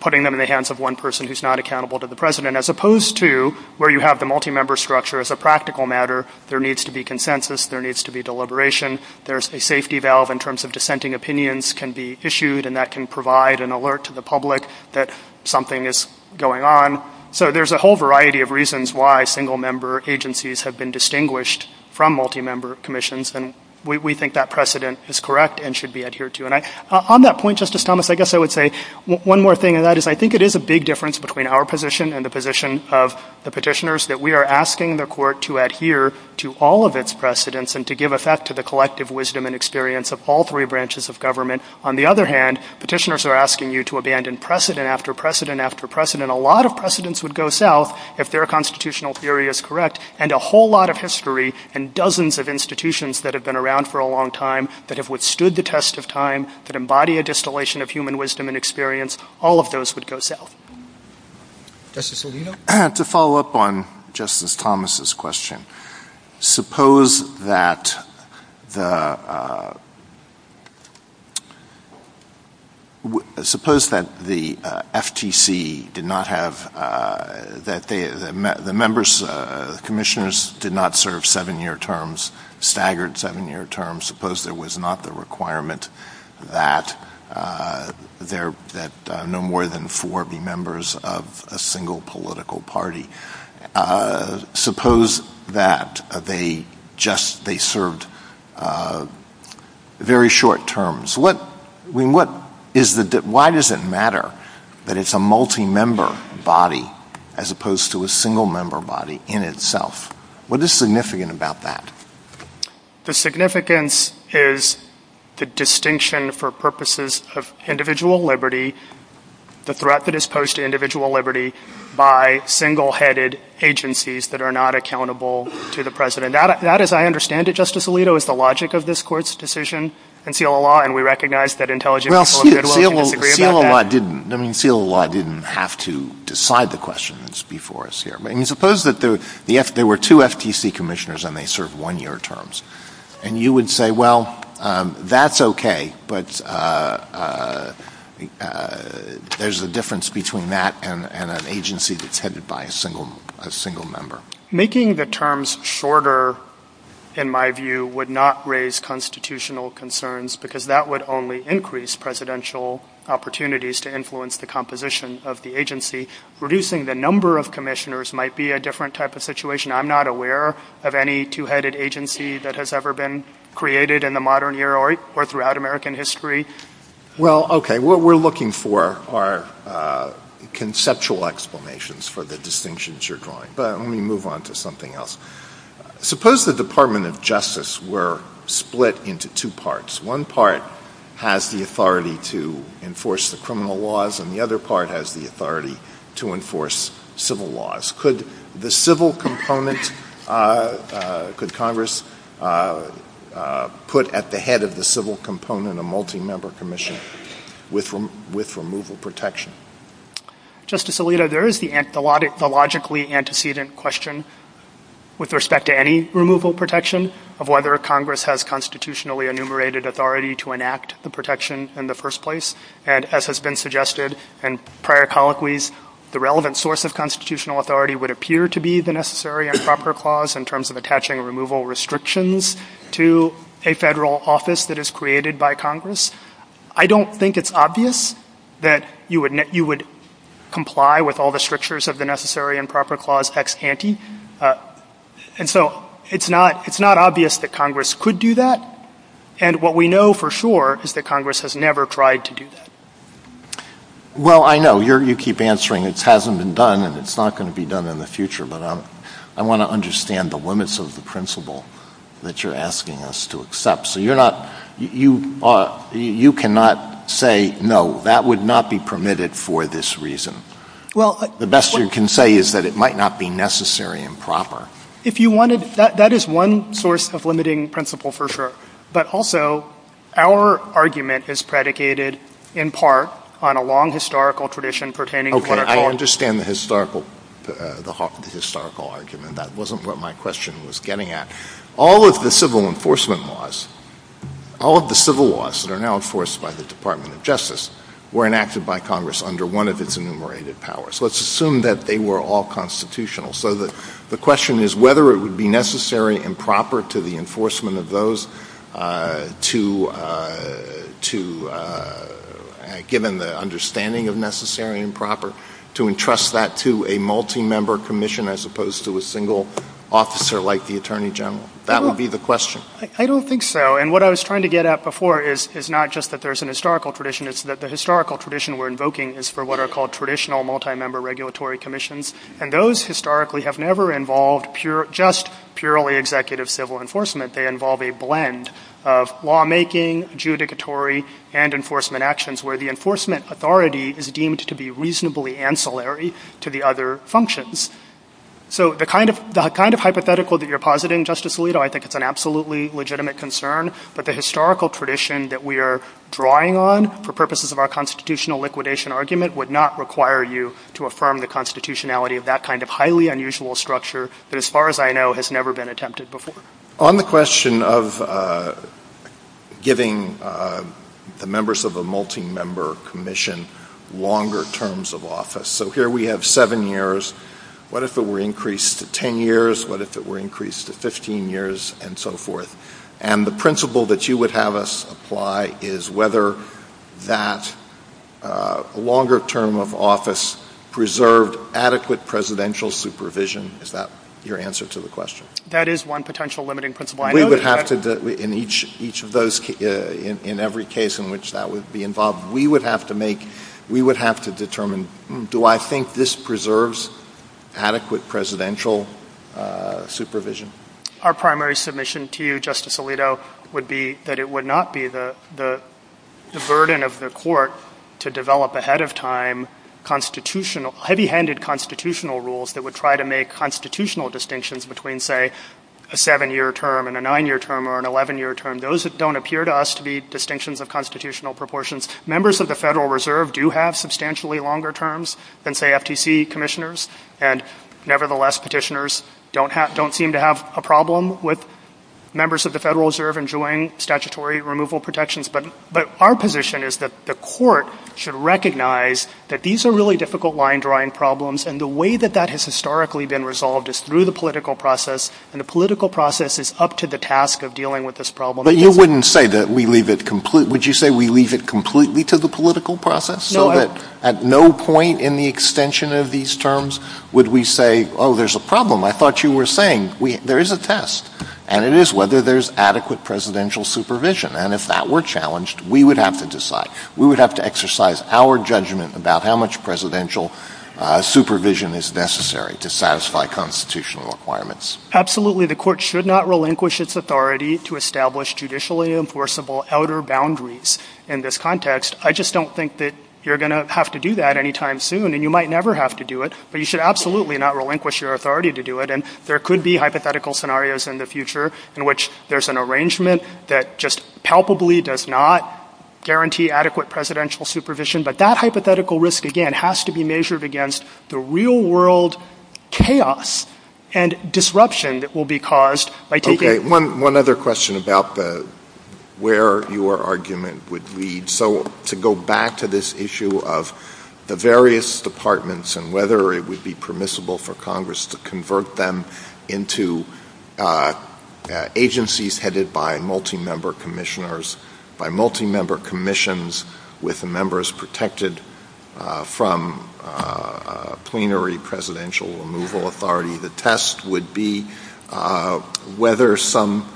putting them in the hands of one person who's not accountable to the president, as opposed to where you have the multi-member structure as a practical matter, there needs to be consensus, there needs to be deliberation, there's a safety valve in terms of dissenting opinions can be issued, and that can provide an alert to the public that something is going on. So there's a whole variety of reasons why single-member agencies have been distinguished from multi-member commissions, and we think that precedent is correct and should be adhered to. On that point, Justice Thomas, I guess I would say one more thing, and that is I think it is a big difference between our position and the position of the petitioners, that we are asking the Court to adhere to all of its precedents and to give effect to the collective wisdom and experience of all three branches of government. On the other hand, petitioners are asking you to abandon precedent after precedent after precedent. A lot of precedents would go south if their constitutional theory is correct, and a whole lot of history and dozens of institutions that have been around for a long time, that have withstood the test of time, that embody a distillation of human wisdom and experience, all of those would go south. Justice Alito? To follow up on Justice Thomas's question, suppose that the FTC did not have — that the members, commissioners, did not serve seven-year terms, staggered seven-year terms. Suppose there was not the requirement that no more than four be members of a single political party. Suppose that they just served very short terms. Why does it matter that it is a multi-member body as opposed to a single-member body in itself? What is significant about that? The significance is the distinction for purposes of individual liberty, the threat that is posed to individual liberty by single-headed agencies that are not accountable to the President. That, as I understand it, Justice Alito, is the logic of this Court's decision in seal of law, and we recognize that intelligentsia — Well, seal of law didn't — I mean, seal of law didn't have to decide the questions before us here. Suppose that there were two FTC commissioners and they served one-year terms, and you would say, well, that's okay, but there's a difference between that and an agency that's headed by a single member. Making the terms shorter, in my view, would not raise constitutional concerns because that would only increase presidential opportunities to influence the composition of the agency, reducing the number of commissioners might be a different type of situation. I'm not aware of any two-headed agency that has ever been created in the modern era or throughout American history. Well, okay, what we're looking for are conceptual explanations for the distinctions you're drawing, but let me move on to something else. Suppose the Department of Justice were split into two parts. One part has the authority to enforce the criminal laws, and the other part has the authority to enforce civil laws. Could the civil component — could Congress put at the head of the civil component a multi-member commissioner with removal protection? Justice Alito, there is the logically antecedent question with respect to any removal protection of whether Congress has constitutionally enumerated authority to enact the protection in the the relevant source of constitutional authority would appear to be the necessary and proper clause in terms of attaching removal restrictions to a federal office that is created by Congress. I don't think it's obvious that you would comply with all the strictures of the necessary and proper clause ex ante, and so it's not obvious that Congress could do that, and what we know for sure is that Congress has never tried to do that. Well, I know. You keep answering it hasn't been done and it's not going to be done in the future, but I want to understand the limits of the principle that you're asking us to accept. So you're not — you cannot say, no, that would not be permitted for this reason. The best you can say is that it might not be necessary and proper. If you wanted — that is one source of limiting principle for sure, but also our argument is predicated in part on a long historical tradition pertaining — Okay, I understand the historical argument. That wasn't what my question was getting at. All of the civil enforcement laws, all of the civil laws that are now enforced by the Department of Justice were enacted by Congress under one of its enumerated powers. Let's assume that they were all constitutional so that the question is whether it would be proper to the enforcement of those to — given the understanding of necessary and proper, to entrust that to a multi-member commission as opposed to a single officer like the Attorney General. That would be the question. I don't think so, and what I was trying to get at before is not just that there's an historical tradition. It's that the historical tradition we're invoking is for what are called traditional multi-member regulatory commissions, and those historically have never involved pure — just purely executive civil enforcement. They involve a blend of lawmaking, adjudicatory, and enforcement actions where the enforcement authority is deemed to be reasonably ancillary to the other functions. So the kind of hypothetical that you're positing, Justice Alito, I think it's an absolutely legitimate concern, but the historical tradition that we are drawing on for purposes of our constitutional liquidation argument would not require you to affirm the constitutionality of that kind of highly unusual structure that, as far as I know, has never been attempted before. On the question of giving the members of a multi-member commission longer terms of office, so here we have seven years. What if it were increased to 10 years? What if it were increased to 15 years and so forth? And the principle that you would have us apply is whether that longer term of office preserved adequate presidential supervision. Is that your answer to the question? That is one potential limiting principle. I know that — We would have to — in each of those — in every case in which that would be involved, we would have to make — we would have to determine, do I think this preserves adequate presidential supervision? Our primary submission to you, Justice Alito, would be that it would not be the burden of the court to develop ahead of time constitutional — heavy-handed constitutional rules that would try to make constitutional distinctions between, say, a seven-year term and a nine-year term or an 11-year term. Those don't appear to us to be distinctions of constitutional proportions. Members of the Federal Reserve do have substantially longer terms than, say, FTC commissioners, and nevertheless, petitioners don't seem to have a problem with members of the Federal Reserve enjoying statutory removal protections. But our position is that the court should recognize that these are really difficult line-drawing problems, and the way that that has historically been resolved is through the political process, and the political process is up to the task of dealing with this problem. But you wouldn't say that we leave it — would you say we leave it completely to the political process? No. So that at no point in the extension of these terms would we say, oh, there's a problem. I thought you were saying there is a test, and it is whether there's adequate presidential supervision. And if that were challenged, we would have to decide. We would have to exercise our judgment about how much presidential supervision is necessary to satisfy constitutional requirements. Absolutely. The court should not relinquish its authority to establish judicially enforceable outer boundaries in this context. I just don't think that you're going to have to do that anytime soon, and you might never have to do it, but you should absolutely not relinquish your authority to do it. And there could be hypothetical scenarios in the future in which there's an arrangement that just palpably does not guarantee adequate presidential supervision. But that hypothetical risk, again, has to be measured against the real-world chaos and disruption that will be caused by taking — One other question about where your argument would lead. So to go back to this issue of the various departments and whether it would be permissible for Congress to convert them into agencies headed by multi-member commissioners, by multi-member commissions with members protected from plenary presidential removal authority. The test would be whether some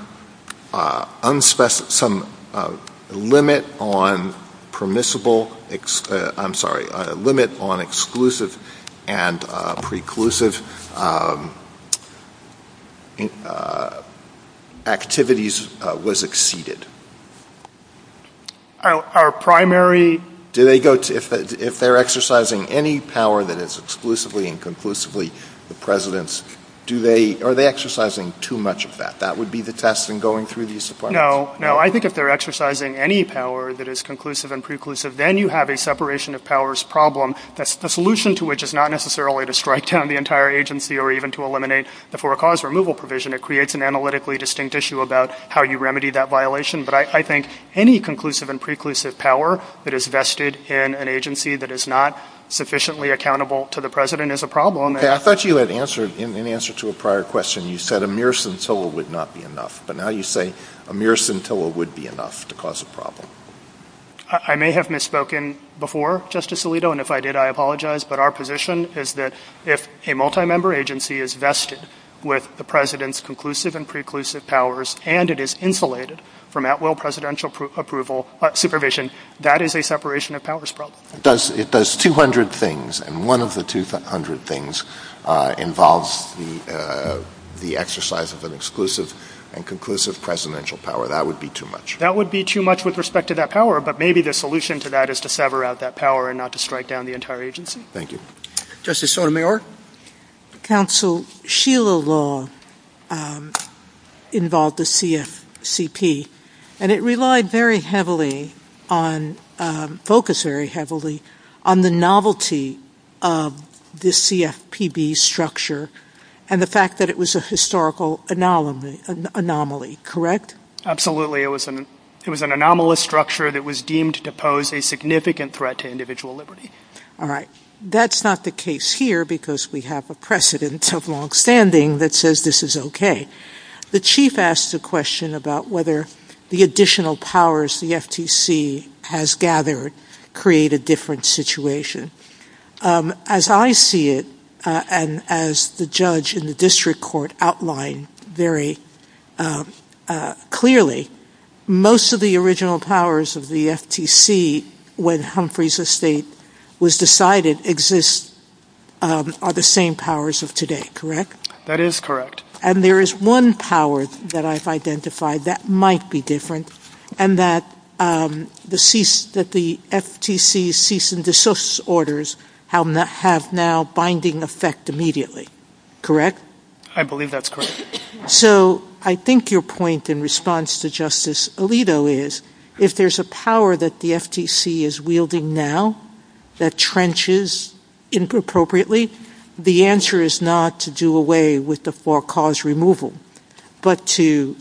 limit on permissible — I'm sorry, limit on exclusive and preclusive activities was exceeded. Our primary — Do they go to — if they're exercising any power that is exclusively and conclusively the president's, do they — are they exercising too much of that? That would be the test in going through these supplies? No, no. I think if they're exercising any power that is conclusive and preclusive, then you have a separation of powers problem. That's the solution to which is not necessarily to strike down the entire agency or even to eliminate the for-cause removal provision. It creates an analytically distinct issue about how you remedy that violation. But I think any conclusive and preclusive power that is vested in an agency that is not sufficiently accountable to the president is a problem. I thought you had answered — in answer to a prior question, you said a mere scintilla would not be enough. But now you say a mere scintilla would be enough to cause a problem. I may have misspoken before, Justice Alito, and if I did, I apologize. But our position is that if a multi-member agency is vested with the president's conclusive and preclusive powers and it is insulated from at-will presidential approval — supervision, that is a separation of powers problem. It does 200 things, and one of the 200 things involves the exercise of an exclusive and conclusive presidential power. That would be too much. That would be too much with respect to that power, but maybe the solution to that is to sever out that power and not to strike down the entire agency. Thank you. Justice Sotomayor? Counsel, Sheila Law involved the CFCP, and it relied very heavily on — focused very heavily on the novelty of the CFPB structure and the fact that it was a historical anomaly, correct? Absolutely. It was an anomalous structure that was deemed to pose a significant threat to individual liberty. All right. That's not the case here, because we have a precedent of longstanding that says this is okay. The chief asked the question about whether the additional powers the FTC has gathered create a different situation. As I see it, and as the judge in the district court outlined very clearly, most of the original powers of the FTC when Humphrey's estate was decided exist — are the same powers of today, correct? That is correct. And there is one power that I've identified that might be different, and that the FTC's cease and desist orders have now binding effect immediately, correct? I believe that's correct. So I think your point in response to Justice Alito is, if there's a power that the FTC is wielding now that trenches inappropriately, the answer is not to do away with the four cause removal, but to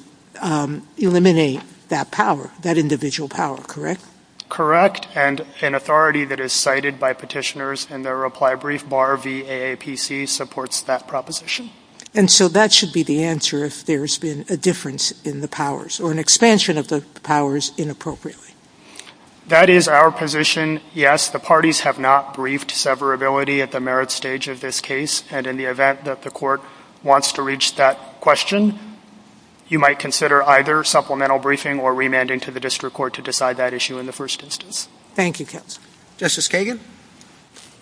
eliminate that power, that individual power, correct? Correct. And an authority that is cited by petitioners and their reply brief bar VAAPC supports that proposition. And so that should be the answer if there's been a difference in the powers or an expansion of the powers inappropriately. That is our position. Yes, the parties have not briefed severability at the merit stage of this case. And in the event that the court wants to reach that question, you might consider either supplemental briefing or remanding to the district court to decide that issue in the first instance. Thank you, counsel. Justice Kagan?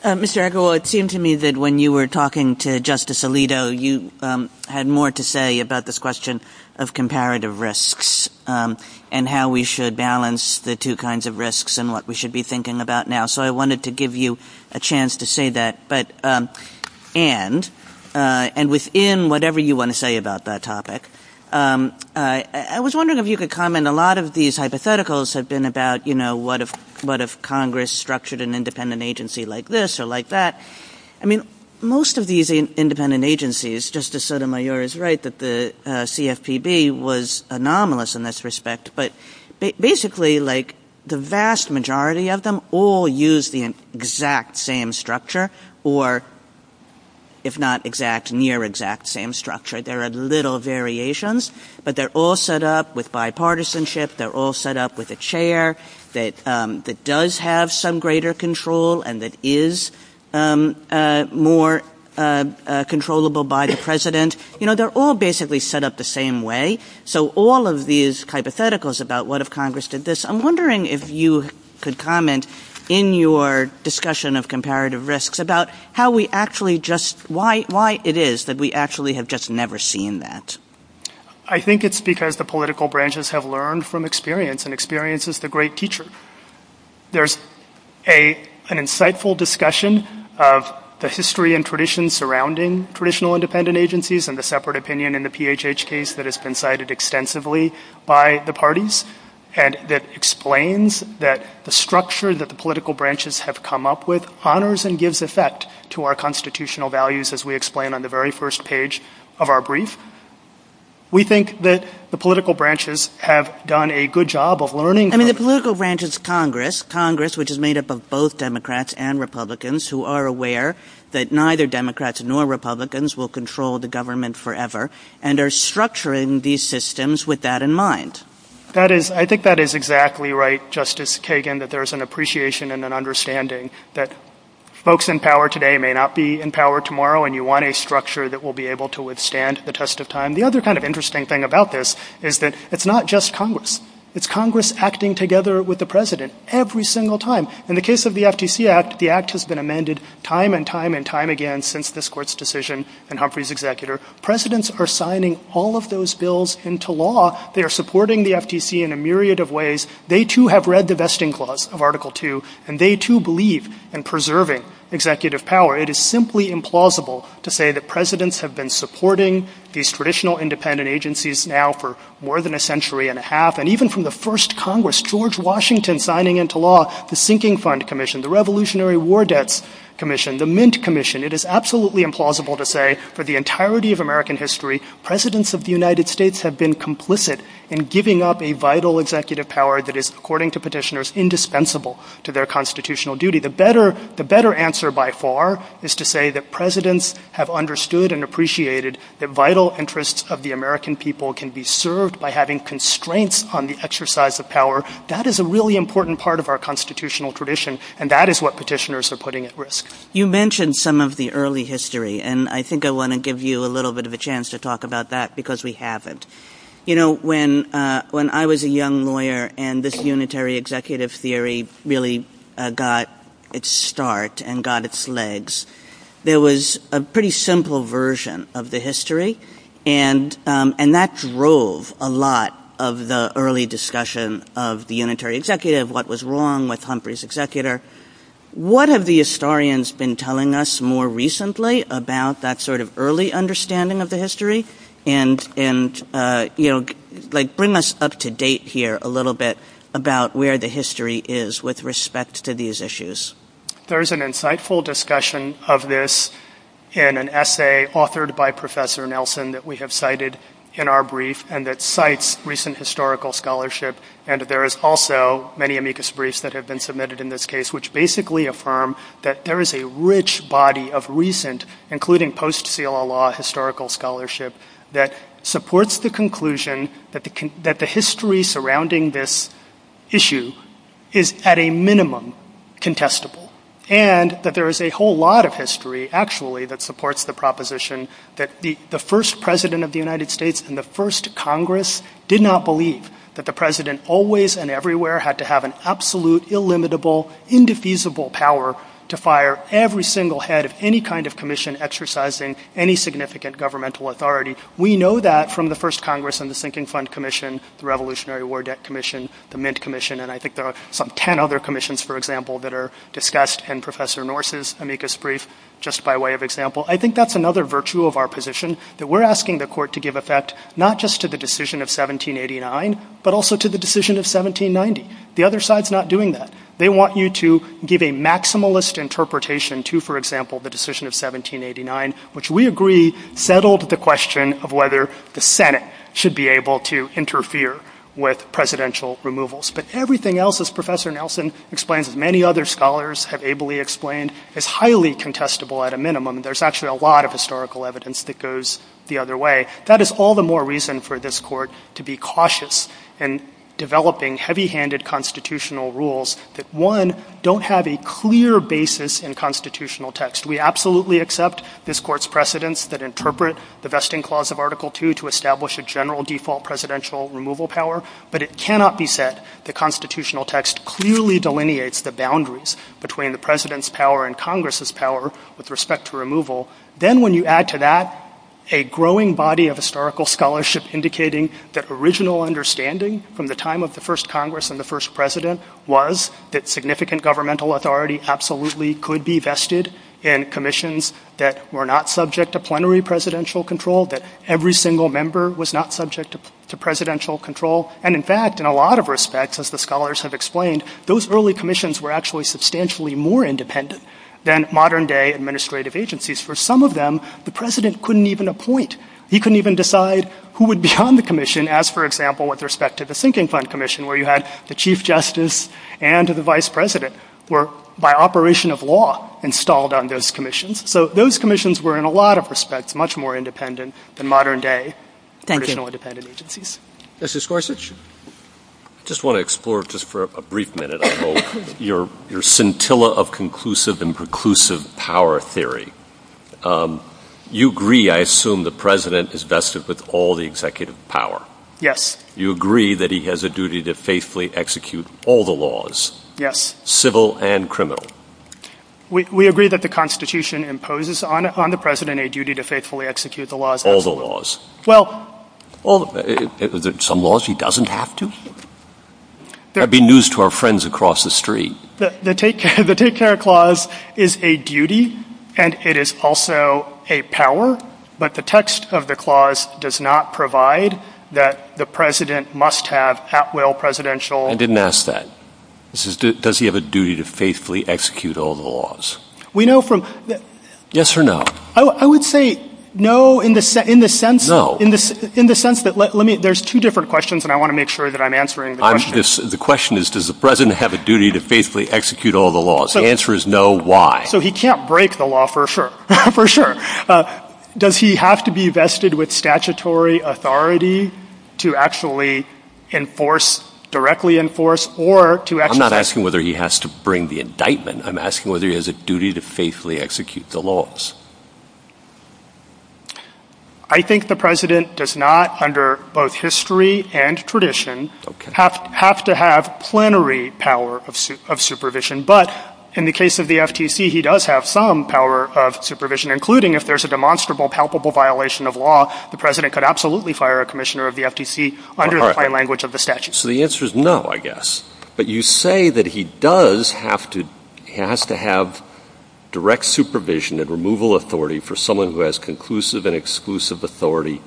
Mr. Edgar, well, it seemed to me that when you were talking to Justice Alito, you had more to say about this question of comparative risks and how we should balance the two kinds of risks and what we should be thinking about now. So I wanted to give you a chance to say that, but, and, and within whatever you want to say about that topic, I was wondering if you could comment, a lot of these hypotheticals have been about, you know, what if, what if Congress structured an independent agency like this or like that? I mean, most of these independent agencies, Justice Sotomayor is right that the CFPB was anomalous in this respect, but basically like the vast majority of them all use the exact same structure or if not exact, near exact same structure. There are little variations, but they're all set up with bipartisanship. They're all set up with a chair that, that does have some greater control and that is more controllable by the president. You know, they're all basically set up the same way. So all of these hypotheticals about what if Congress did this, I'm wondering if you could comment in your discussion of comparative risks about how we actually just, why, why it is that we actually have just never seen that. I think it's because the political branches have learned from experience and experience is the great teacher. There's a, an insightful discussion of the history and tradition surrounding traditional independent agencies and the separate opinion in the PHH case that has been cited extensively by the parties and that explains that the structure that the political branches have come up with honors and gives effect to our constitutional values as we explain on the very first page of our brief. We think that the political branches have done a good job of learning. I mean, the political branches, Congress, Congress, which is made up of both Democrats and Republicans who are aware that neither Democrats nor Republicans will control the government forever and are structuring these systems with that in mind. That is, I think that is exactly right. Justice Kagan, that there's an appreciation and an understanding that folks in power today may not be in power tomorrow and you want a structure that will be able to withstand the test of time. The other kind of interesting thing about this is that it's not just Congress. It's Congress acting together with the president every single time. In the case of the FTC Act, the act has been amended time and time and time again since this court's decision and Humphrey's executor. Presidents are signing all of those bills into law. They are supporting the FTC in a myriad of ways. They too have read the Vesting Clause of Article II and they too believe in preserving executive power. It is simply implausible to say that presidents have been supporting these traditional independent agencies now for more than a century and a half and even from the first Congress, George Washington signing into law the Sinking Fund Commission, the Revolutionary War Debts Commission, the Mint Commission. It is absolutely implausible to say for the entirety of American history, presidents of the United States have been complicit in giving up a vital executive power that is, according to petitioners, indispensable to their constitutional duty. The better answer by far is to say that presidents have understood and appreciated that vital interests of the American people can be served by having constraints on the exercise of power. That is a really important part of our constitutional tradition and that is what petitioners are putting at risk. You mentioned some of the early history and I think I want to give you a little bit of a chance to talk about that because we haven't. When I was a young lawyer and this unitary executive theory really got its start and got its legs, there was a pretty simple version of the history and that drove a lot of the early discussion of the unitary executive, what was wrong with Humphrey's executor. What have the historians been telling us more recently about that sort of early understanding of the history and bring us up to date here a little bit about where the history is with respect to these issues. There is an insightful discussion of this in an essay authored by Professor Nelson that we have cited in our brief and that cites recent historical scholarship and there is also many amicus briefs that have been submitted in this case which basically affirm that there is a rich body of recent including post seal of law historical scholarship that supports the conclusion that the history surrounding this issue is at a minimum contestable and that there is a whole lot of history actually that supports the proposition that the first president of the United States and the first Congress did not believe that the president always and everywhere had to have an absolute, illimitable, indefeasible power to fire every single head of any kind of commission exercising any significant governmental authority. We know that from the first Congress on the Sinking Front Commission, the Revolutionary War Debt Commission, the Mint Commission and I think there are some 10 other commissions for example that are discussed in Professor Norse's amicus brief just by way of example. I think that is another virtue of our position that we are asking the court to give effect not just to the decision of 1789 but also to the decision of 1790. The other side is not doing that. They want you to give a maximalist interpretation to for example the decision of 1789 which we agree settled the question of whether the Senate should be able to interfere with presidential removals but everything else as Professor Nelson explains and many other scholars have ably explained is highly contestable at a minimum. There is actually a lot of historical evidence that goes the other way. That is all the more reason for this court to be cautious in developing heavy-handed constitutional rules that one, don't have a clear basis in constitutional text. We absolutely accept this court's precedents that interpret the Vesting Clause of Article II to establish a general default presidential removal power but it cannot be said the constitutional text clearly delineates the boundaries between the president's power and Congress's power with respect to removal. Then when you add to that a growing body of historical scholarship indicating that original understanding from the time of the first Congress and the first president was that significant governmental authority absolutely could be vested in commissions that were not subject to plenary presidential control, that every single member was not subject to presidential control and in fact in a lot of respects as the scholars have explained, those early commissions were actually substantially more independent than modern day administrative agencies. For some of them, the president couldn't even appoint. He couldn't even decide who would become the commission as for example with respect to the sinking fund commission where you had the chief justice and the vice president were by operation of law installed on those commissions. So those commissions were in a lot of respects much more independent than modern day traditional independent agencies. Mr. Scorsese. I just want to explore just for a brief minute your scintilla of conclusive and preclusive power theory. You agree I assume the president is vested with all the executive power. Yes. You agree that he has a duty to faithfully execute all the laws. Yes. Civil and criminal. We agree that the constitution imposes on the president a duty to faithfully execute the laws. All the laws. Well. Some laws he doesn't have to. That would be news to our friends across the street. The take care clause is a duty and it is also a power but the text of the clause does not provide that the president must have at will presidential. I didn't ask that. Does he have a duty to faithfully execute all the laws? We know from. Yes or no. I would say no in the sense that there's two different questions and I want to make sure that I'm answering the question. The question is does the president have a duty to faithfully execute all the laws? The answer is no. Why? So he can't break the law for sure. For sure. Does he have to be vested with statutory authority to actually enforce directly enforce or to I'm not asking whether he has to bring the indictment. I'm asking whether he has a duty to faithfully execute the laws. I think the president does not under both history and tradition have to have plenary power of supervision but in the case of the FTC he does have some power of supervision including if there's a demonstrable palpable violation of law the president could absolutely fire a commissioner of the FTC under the fine language of the statute. So the answer is no I guess but you say that he does have to has to have direct supervision and removal authority for someone who has conclusive and exclusive authority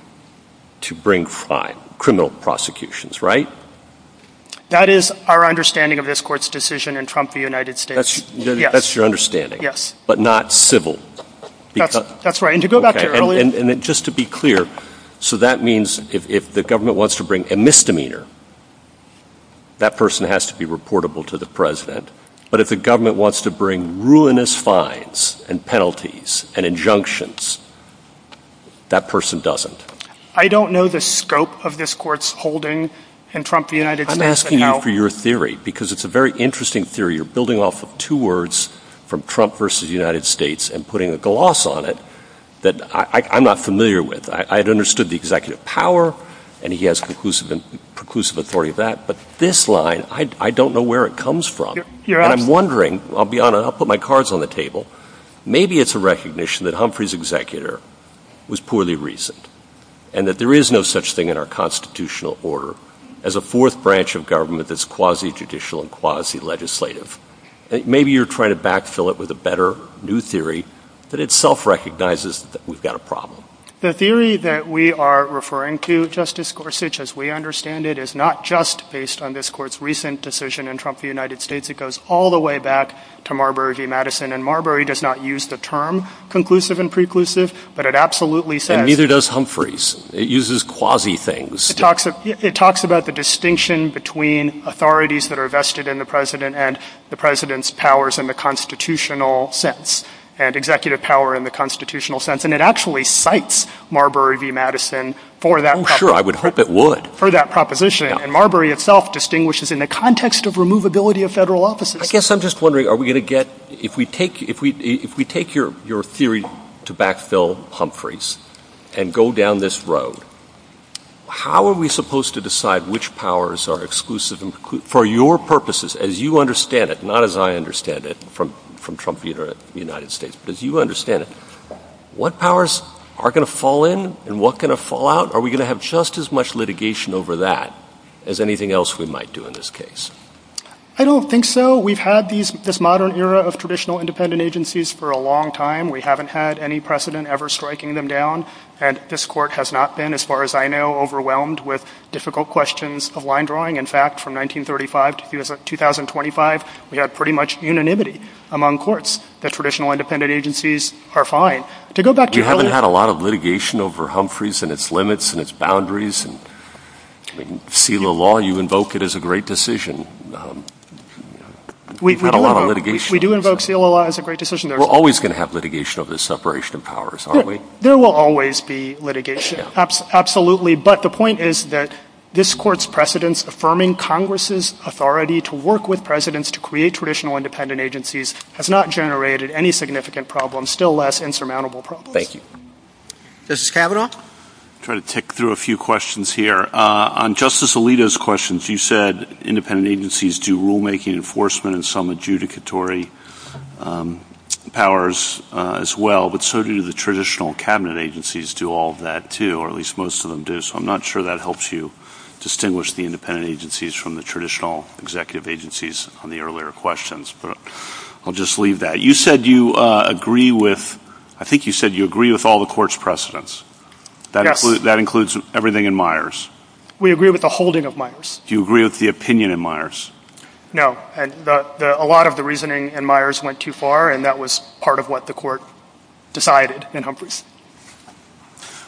to bring fine criminal prosecutions right? That is our understanding of this court's decision in Trump the United States. That's your understanding? Yes. But not civil? That's right and to go back and just to be clear so that means if the government wants to bring a misdemeanor that person has to be reportable to the president but if the government wants to bring penalties and injunctions that person doesn't. I don't know the scope of this court's holding in Trump the United States. I'm asking you for your theory because it's a very interesting theory. You're building off of two words from Trump versus the United States and putting a gloss on it that I'm not familiar with. I had understood the executive power and he has conclusive and preclusive authority of that but this line I don't know where it comes from and I'm wondering I'll put my cards on the table. Maybe it's a recognition that Humphrey's executor was poorly reasoned and that there is no such thing in our constitutional order as a fourth branch of government that's quasi-judicial and quasi-legislative. Maybe you're trying to backfill it with a better new theory that itself recognizes that we've got a problem. The theory that we are referring to Justice Gorsuch as we understand it is not just based on this court's recent decision in Trump the United States. It goes all the way back to Marbury v. Madison and Marbury does not use the term conclusive and preclusive but it absolutely says... And neither does Humphrey's. It uses quasi-things. It talks about the distinction between authorities that are vested in the president and the president's powers in the constitutional sense and executive power in the constitutional sense and it actually cites Marbury v. Madison for that proposition. Oh sure, I would hope it would. For that proposition and Marbury itself distinguishes in the context of removability of federal I guess I'm just wondering are we going to get... If we take your theory to backfill Humphrey's and go down this road, how are we supposed to decide which powers are exclusive and preclusive for your purposes as you understand it, not as I understand it from Trump the United States, but as you understand it? What powers are going to fall in and what are going to fall out? Are we going to have just as much litigation over that as anything else we might do in this case? I don't think so. We've had this modern era of traditional independent agencies for a long time. We haven't had any precedent ever striking them down and this court has not been, as far as I know, overwhelmed with difficult questions of line drawing. In fact, from 1935 to 2025, we had pretty much unanimity among courts that traditional independent agencies are fine. To go back to... You haven't had a lot of litigation over Humphrey's and its limits and its boundaries and in SILA law, you invoke it as a great decision. We do invoke SILA law as a great decision. We're always going to have litigation over the separation of powers, aren't we? There will always be litigation, absolutely, but the point is that this court's precedence affirming Congress's authority to work with presidents to create traditional independent agencies has not generated any significant problems, still less insurmountable problems. Thank you. Justice Kavanaugh? Trying to tick through a few questions here. On Justice Alito's questions, you said independent agencies do rulemaking enforcement and some adjudicatory powers as well, but so do the traditional cabinet agencies do all of that too, or at least most of them do. I'm not sure that helps you distinguish the independent agencies from the traditional executive agencies on the earlier questions, but I'll just leave that. You said you agree with... I think you said you agree with all the court's precedence. That includes everything in Myers? We agree with the holding of Myers. Do you agree with the opinion in Myers? No. A lot of the reasoning in Myers went too far, and that was part of what the court decided in Humphreys.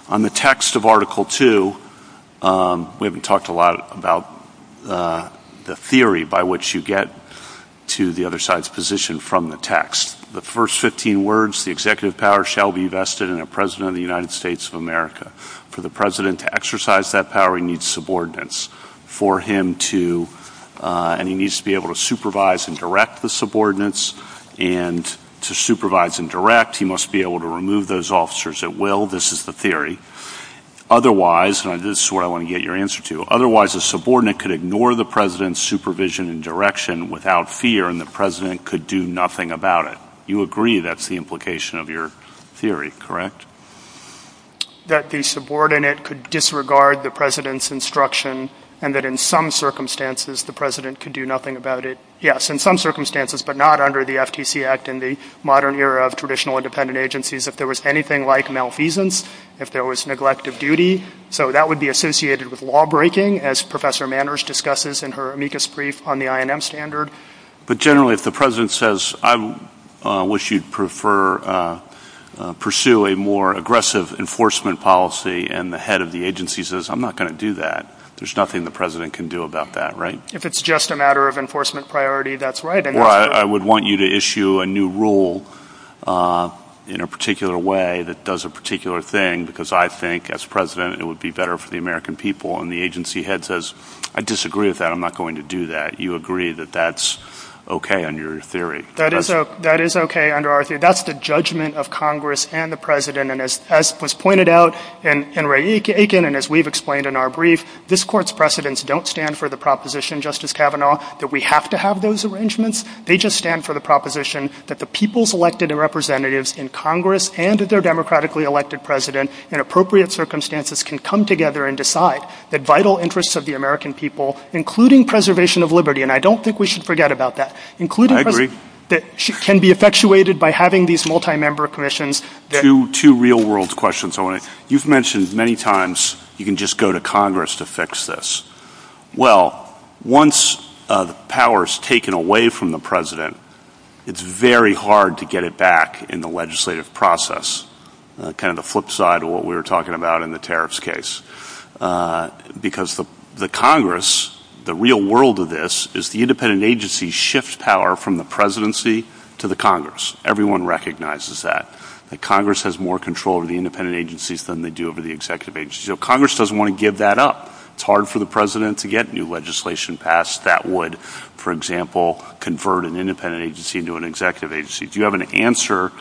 On the text of Article II, we haven't talked a lot about the theory by which you get to the other side's position from the text. The first 15 words, the executive power shall be vested in a president of the United States of America. For the president to exercise that power, he needs subordinates, and he needs to be able to supervise and direct the subordinates, and to supervise and direct, he must be able to remove those officers at will. This is the theory. Otherwise, and this is where I want to get your answer to, otherwise the subordinate could ignore the president's supervision and direction without fear, and the president could do nothing about it. You agree that's the implication of your theory, correct? That the subordinate could disregard the president's instruction, and that in some circumstances, the president could do nothing about it. Yes, in some circumstances, but not under the FTC Act in the modern era of traditional independent agencies. If there was anything like malfeasance, if there was neglect of duty, so that would be associated with lawbreaking, as Professor Manners discusses in her amicus brief on the INM standard. But generally, if the president says, I wish you'd prefer, pursue a more aggressive enforcement policy, and the head of the agency says, I'm not going to do that, there's nothing the president can do about that, right? If it's just a matter of enforcement priority, that's right. Well, I would want you to issue a new rule in a particular way that does a particular thing, because I think as president, it would be better for the American people. And the agency head says, I disagree with that. I'm not going to do that. You agree that that's okay under your theory? That is okay under our theory. That's the judgment of Congress and the president. And as was pointed out in Ray Aiken, and as we've explained in our brief, this court's precedents don't stand for the proposition, Justice Kavanaugh, that we have to have those arrangements. They just stand for the proposition that the people's elected representatives in Congress and their democratically elected president in appropriate circumstances can come together and decide that vital interests of the American people, including preservation of liberty, and I don't think we should forget about that, including that can be effectuated by having these multi-member commissions. Two real world questions. You've mentioned many times, you can just go to Congress to fix this. Well, once the power is taken away from the president, it's very hard to get it back in the legislative process, kind of the flip side of what we were talking about in the tariffs case. Because the Congress, the real world of this, is the independent agency shifts power from the presidency to the Congress. Everyone recognizes that. That Congress has more control over the independent agencies than they do over the executive agency. So Congress doesn't want to give that up. It's hard for the president to get new legislation passed that would, for example, convert an independent agency into an executive agency. Do you have an answer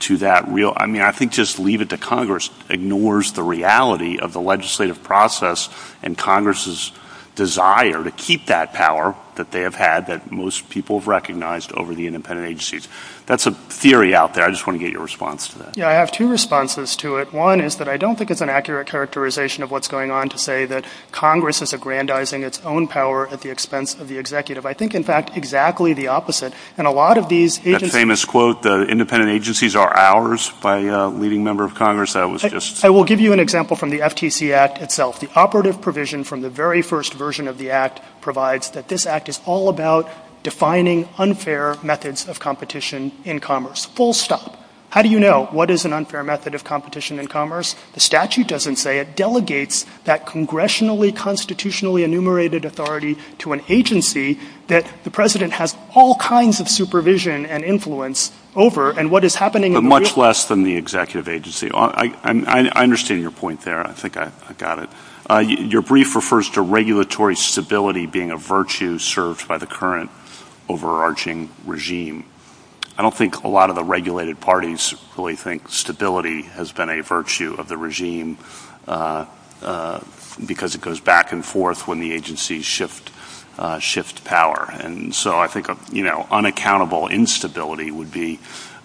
to that real, I mean, I think just leave it to Congress, ignores the reality of the legislative process and Congress's desire to keep that power that they have had, that most people have recognized over the independent agencies. That's a theory out there. I just want to get your response to that. Yeah, I have two responses to it. One is that I don't think it's an accurate characterization of what's going on to say that Congress is aggrandizing its own power at the expense of the executive. I think, in fact, exactly the opposite. And a lot of these agencies... That famous quote, the independent agencies are ours by a leading member of Congress, that was just... I will give you an example from the FTC Act itself. The operative provision from the very first version of the act provides that this act is all about defining unfair methods of competition in commerce. Full stop. How do you know what is an unfair method of competition in commerce? The statute doesn't say. It delegates that congressionally, constitutionally enumerated authority to an agency that the president has all kinds of supervision and influence over and what is happening... Much less than the executive agency. I understand your point there. I think I got it. Your brief refers to regulatory stability being a virtue served by the current overarching regime. I don't think a lot of the regulated parties really think stability has been a virtue of the regime because it goes back and forth when the agencies shift power. I think unaccountable instability would be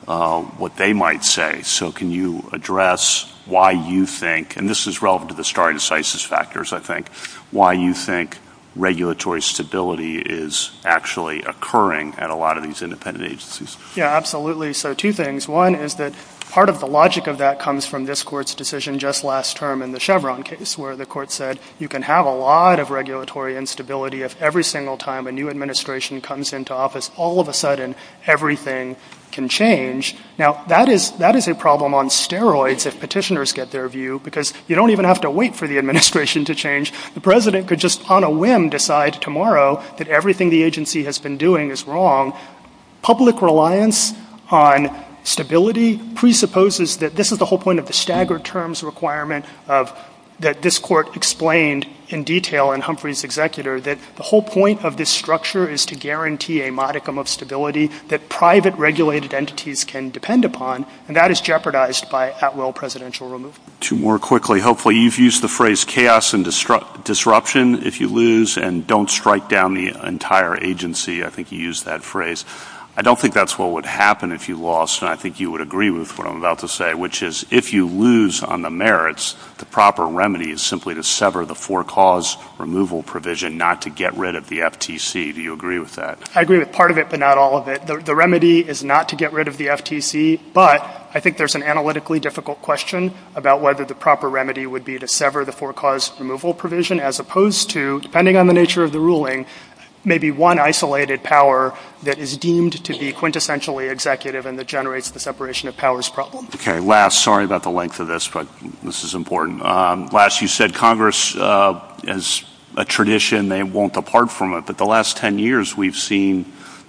what they might say. Can you address why you think, and this is relevant to the star incisus factors I think, why you think regulatory stability is actually occurring at a lot of these independent agencies? Yeah, absolutely. Two things. One is that part of the logic of that comes from this court's decision just last term in the Chevron case where the court said you can have a lot of regulatory instability if every single time a new administration comes into office all of a sudden everything can change. Now that is a problem on steroids if petitioners get their view because you don't even have to wait for the administration to change. The president could just on a whim decide tomorrow that everything the agency has been doing is wrong. Public reliance on stability presupposes that this is the whole point of the staggered terms requirement that this court explained in detail in Humphrey's executor that the whole point of this structure is to guarantee a modicum of stability that private regulated entities can depend upon and that is jeopardized by at will presidential removal. More quickly, hopefully you've used the phrase chaos and disruption if you lose and don't strike down the entire agency. I think you used that phrase. I don't think that's what would happen if you lost and I think you would agree with what I'm about to say which is if you lose on the merits, the proper remedy is simply to sever the forecaused removal provision not to get rid of the FTC. Do you agree with that? I agree with part of it but not all of it. The remedy is not to get rid of the FTC but I think there's an analytically difficult question about whether the proper remedy would be to sever the forecaused removal provision as opposed to depending on the nature of the ruling maybe one isolated power that is deemed to be quintessentially executive and that generates the separation of powers problem. Okay, last. Sorry about the length of this but this is important. Last, you said Congress as a tradition they won't depart from it but the last 10 years we've seen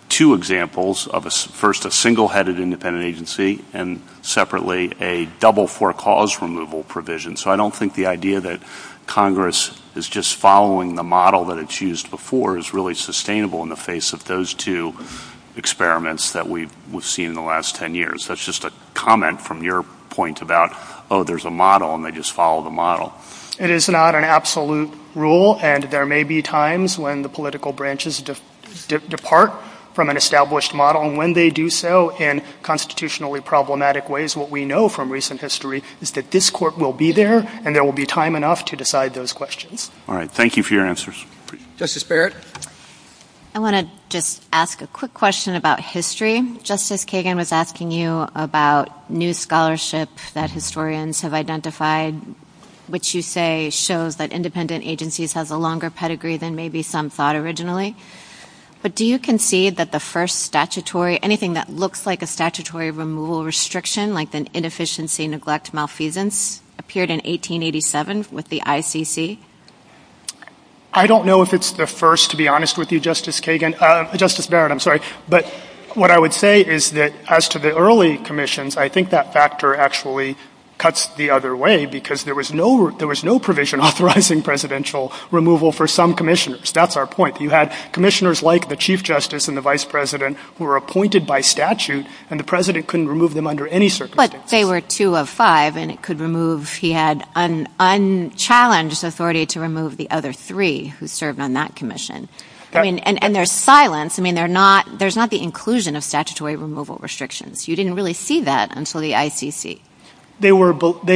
two examples of first a single headed independent agency and separately a double forecaused removal provision. So I don't think the idea that Congress is just following the model that it's used before is really sustainable in the face of those two experiments that we've seen in the last 10 years. That's just a comment from your point about oh there's a model and they just follow the It is not an absolute rule and there may be times when the political branches depart from an established model and when they do so in constitutionally problematic ways what we know from recent history is that this court will be there and there will be time enough to decide those questions. All right, thank you for your answers. Justice Barrett. I want to just ask a quick question about history. Justice Kagan was asking you about new scholarship that historians have identified which you say shows that independent agencies have a longer pedigree than maybe some thought originally but do you concede that the first statutory anything that looks like a statutory removal restriction like an inefficiency neglect malfeasance appeared in 1887 with the ICC? I don't know if it's the first to be honest with you Justice Kagan, Justice Barrett I'm sorry but what I would say is that as to the early commissions I think that factor actually cuts the other way because there was no there was no provision authorizing presidential removal for some commissioners. That's our point. You had commissioners like the chief justice and the vice president who were appointed by statute and the president couldn't remove them under any circumstances. But they were two of five and it could remove he had unchallenged authority. To remove the other three who served on that commission and there's silence. I mean they're not there's not the inclusion of statutory removal restrictions. You didn't really see that until the ICC. They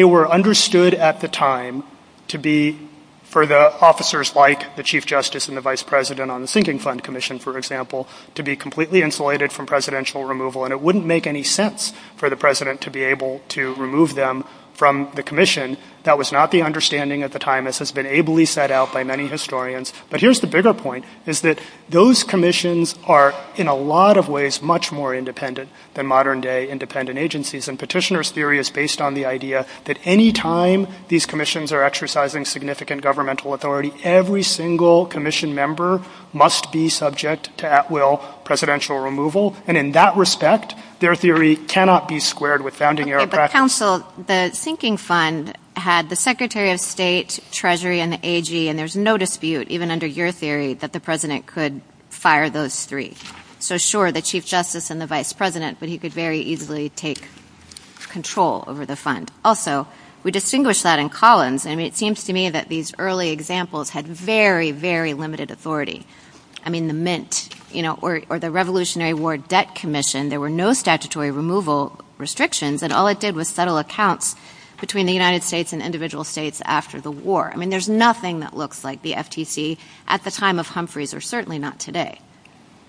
were understood at the time to be for the officers like the chief justice and the vice president on the thinking fund commission for example to be completely insulated from presidential removal and it wouldn't make any sense for the president to be able to remove them from the commission. That was not the understanding at the time as has been ably set out by many historians. But here's the bigger point is that those commissions are in a lot of ways much more independent than modern day independent agencies and petitioner's theory is based on the idea that any time these commissions are exercising significant governmental authority every single commission member must be subject to at will presidential removal and in that respect their theory cannot be squared with founding your council. The thinking fund had the secretary of state treasury and the AG and there's no dispute even under your theory that the president could fire those three. So sure the chief justice and the vice president but he could very easily take control over the fund. Also we distinguish that in columns and it seems to me that these early examples had very very limited authority. I mean the mint or the revolutionary war debt commission, there were no statutory removal restrictions and all it did was settle accounts between the United States and individual states after the war. I mean there's nothing that looks like the FTC at the time of Humphreys or certainly not today.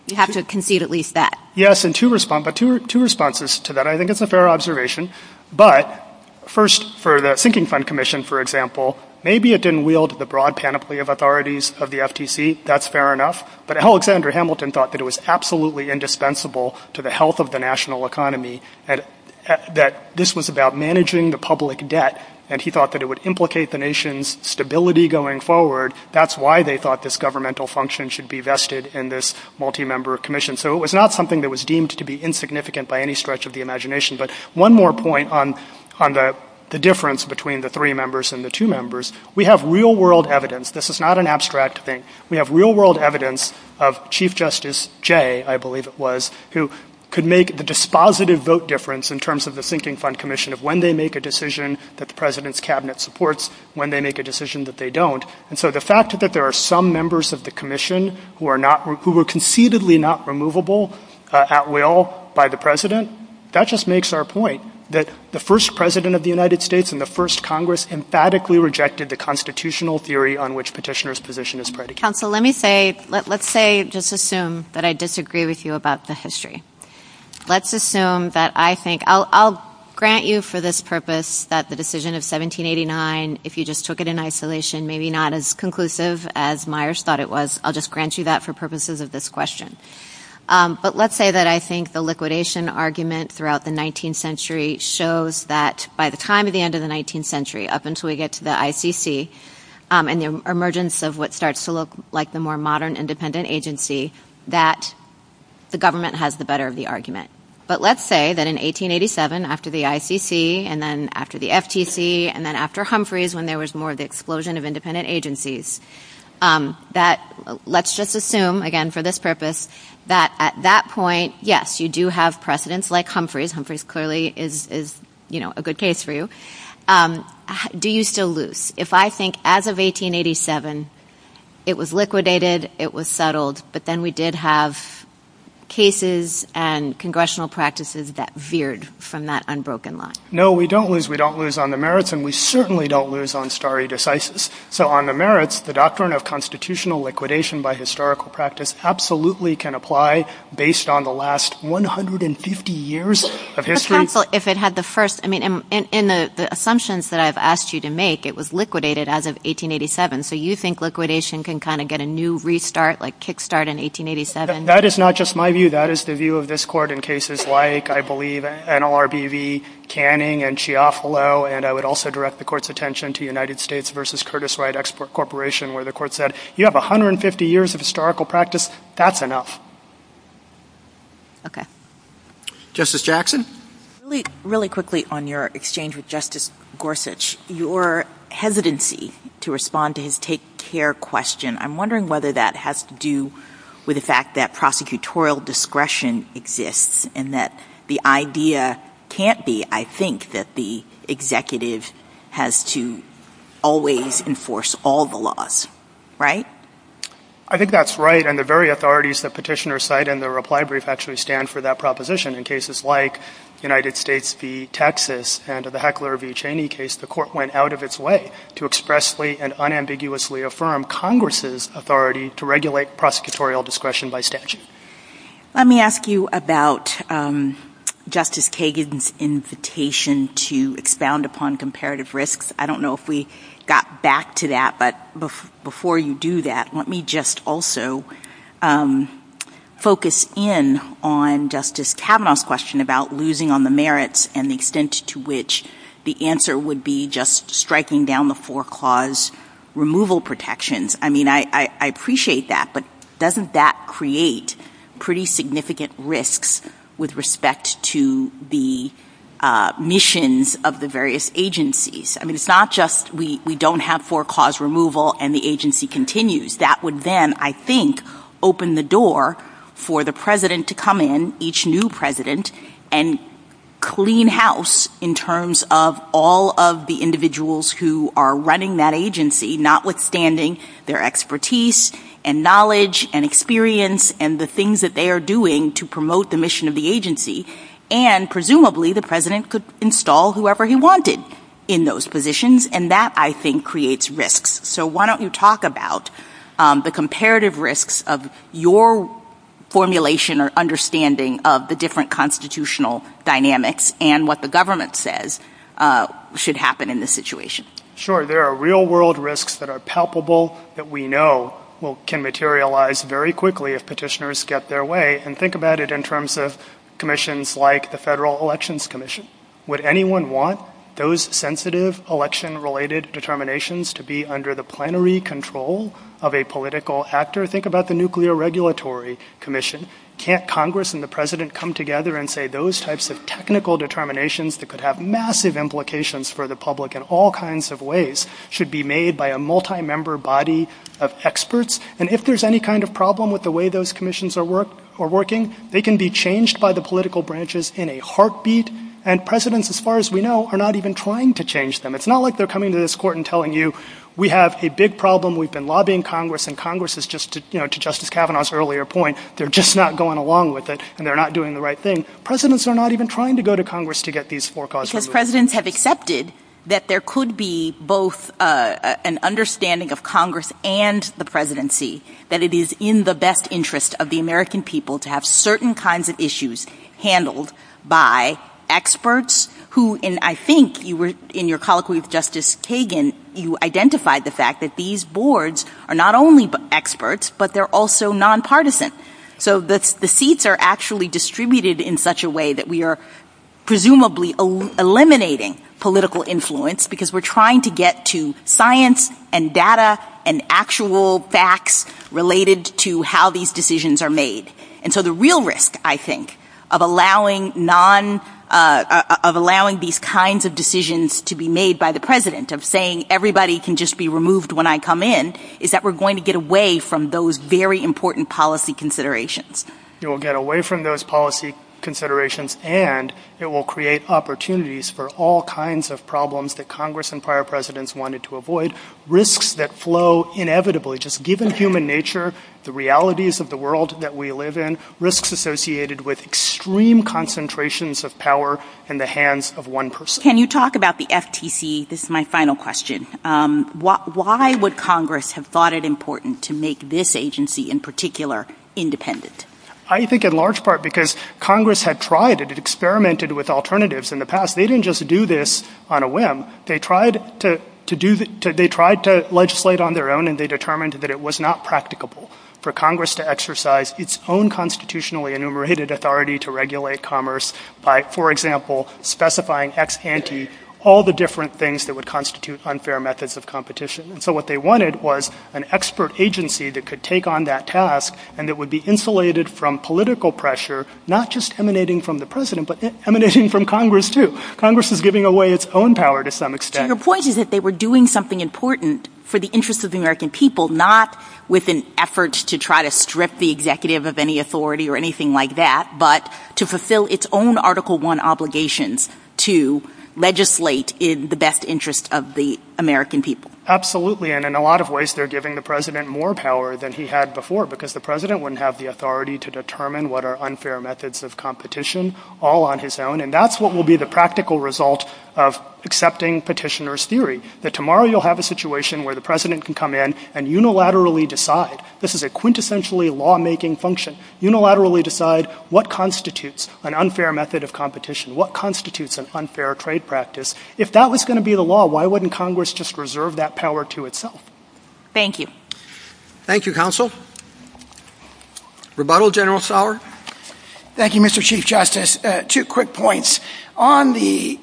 You have to concede at least that. Yes and two responses to that. I think it's a fair observation but first for the thinking fund commission for example maybe it didn't wield the broad panoply of authorities of the FTC. That's fair enough but Alexander Hamilton thought that it was absolutely indispensable to the health of the national economy and that this was about managing the public debt and he thought that it would implicate the nation's stability going forward. That's why they thought this governmental function should be vested in this multi-member commission. So it was not something that was deemed to be insignificant by any stretch of the imagination but one more point on the difference between the three members and the two members. We have real world evidence. This is not an abstract thing. We have real world evidence of Chief Justice Jay, I believe it was, who could make the dispositive vote difference in terms of the thinking fund commission of when they make a decision that the president's cabinet supports, when they make a decision that they don't and so the fact that there are some members of the commission who were conceivably not removable at will by the president, that just makes our point that the first president of the United States and the first congress emphatically rejected the constitutional theory on which petitioner's position is predicated. Counsel, let me say, let's say, just assume that I disagree with you about the history. Let's assume that I think, I'll grant you for this purpose that the decision of 1789, if you just took it in isolation, maybe not as conclusive as Myers thought it was, I'll just grant you that for purposes of this question. But let's say that I think the liquidation argument throughout the 19th century shows that by the time of the end of the 19th century, up until we get to the ICC and the emergence of what starts to look like the more modern independent agency, that the government has the better of the argument. But let's say that in 1887, after the ICC and then after the FTC and then after Humphreys when there was more of the explosion of independent agencies, that let's just assume, again for this purpose, that at that point, yes, you do have precedents like Humphreys. Humphreys clearly is a good case for you. Do you still lose? If I think as of 1887, it was liquidated, it was settled, but then we did have cases and congressional practices that veered from that unbroken line. No, we don't lose. We don't lose on the merits and we certainly don't lose on stare decisis. So on the merits, the doctrine of constitutional liquidation by historical practice absolutely can apply based on the last 150 years of history. But counsel, if it had the first, I mean, in the assumptions that I've asked you to make, it was liquidated as of 1887. So you think liquidation can kind of get a new restart, like kickstart in 1887? That is not just my view. That is the view of this court in cases like, I believe, NLRBV, Canning and Chiafalo. And I would also direct the court's attention to United States versus Curtis Wright Export Corporation, where the court said, you have 150 years of historical practice. That's enough. Okay. Justice Jackson. Really quickly on your exchange with Justice Gorsuch, your hesitancy to respond to his take care question, I'm wondering whether that has to do with the fact that prosecutorial discretion exists and that the idea can't be, I think, that the executive has to always enforce all the laws, right? I think that's right. And the very authorities that petitioner cite in the reply brief actually stand for that proposition. In cases like United States v. Texas and the Heckler v. Cheney case, the court went out of its way to expressly and unambiguously affirm Congress's authority to regulate prosecutorial discretion by statute. Let me ask you about Justice Kagan's invitation to expound upon comparative risks. I don't know if we got back to that. But before you do that, let me just also focus in on Justice Kavanaugh's question about losing on the merits and the extent to which the answer would be just striking down the four clause removal protections. I mean, I appreciate that. But doesn't that create pretty significant risks with respect to the missions of the various agencies? I mean, it's not just we don't have four clause removal and the agency continues. That would then, I think, open the door for the president to come in, each new president, and clean house in terms of all of the individuals who are running that agency, notwithstanding their expertise and knowledge and experience and the things that they are doing to promote the mission of the agency. And presumably, the president could install whoever he wanted in those positions. And that, I think, creates risks. So why don't you talk about the comparative risks of your formulation or understanding of the different constitutional dynamics and what the government says should happen in this situation? Sure, there are real-world risks that are palpable that we know can materialize very quickly if petitioners get their way. And think about it in terms of commissions like the Federal Elections Commission. Would anyone want those sensitive election-related determinations to be under the plenary control of a political actor? Think about the Nuclear Regulatory Commission. Can't Congress and the president come together and say those types of technical determinations that could have massive implications for the public in all kinds of ways should be made by a multi-member body of experts? And if there's any kind of problem with the way those commissions are working, they can be changed by the political branches in a heartbeat. And presidents, as far as we know, are not even trying to change them. It's not like they're coming to this court and telling you, we have a big problem. We've been lobbying Congress. And Congress is just, to Justice Kavanaugh's earlier point, they're just not going along with it, and they're not doing the right thing. Presidents are not even trying to go to Congress to get these forecasts removed. Because presidents have accepted that there could be both an understanding of Congress and the presidency that it is in the best interest of the American people to have certain kinds of issues handled by experts who, and I think in your colloquy with Justice Kagan, you identified the fact that these boards are not only experts, but they're also nonpartisan. So the seats are actually distributed in such a way that we are presumably eliminating political influence because we're trying to get to science and data and actual facts related to how these decisions are made. And so the real risk, I think, of allowing these kinds of decisions to be made by the president, of saying everybody can just be removed when I come in, is that we're going to get away from those very important policy considerations. It will get away from those policy considerations, and it will create opportunities for all kinds of problems that Congress and prior presidents wanted to avoid, risks that flow inevitably, just given human nature, the realities of the world that we live in, risks associated with extreme concentrations of power in the hands of one person. Can you talk about the FTC? This is my final question. Why would Congress have thought it important to make this agency in particular independent? I think in large part because Congress had tried and experimented with alternatives in the past. They didn't just do this on a whim. They tried to legislate on their own, and they determined that it was not practicable for Congress to exercise its own constitutionally enumerated authority to regulate commerce by, for example, specifying ex ante all the different things that would constitute unfair methods of competition. So what they wanted was an expert agency that could take on that task, and it would be insulated from political pressure, not just emanating from the president, but emanating from Congress too. Congress is giving away its own power to some extent. Your point is that they were doing something important for the interests of the American people, not with an effort to try to strip the executive of any authority or anything like that, but to fulfill its own Article I obligations to legislate in the best interest of the American people. Absolutely, and in a lot of ways, they're giving the president more power than he had before because the president wouldn't have the authority to determine what are unfair methods of competition all on his own, and that's what will be the practical result of accepting petitioner's theory, that tomorrow you'll have a situation where the president can come in and unilaterally decide. This is a quintessentially lawmaking function. Unilaterally decide what constitutes an unfair method of competition, what constitutes an unfair trade practice. If that was going to be the law, why wouldn't Congress just reserve that power to itself? Thank you. Thank you, counsel. Rebuttal, General Sauer? Thank you, Mr. Chief Justice. Two quick points. On the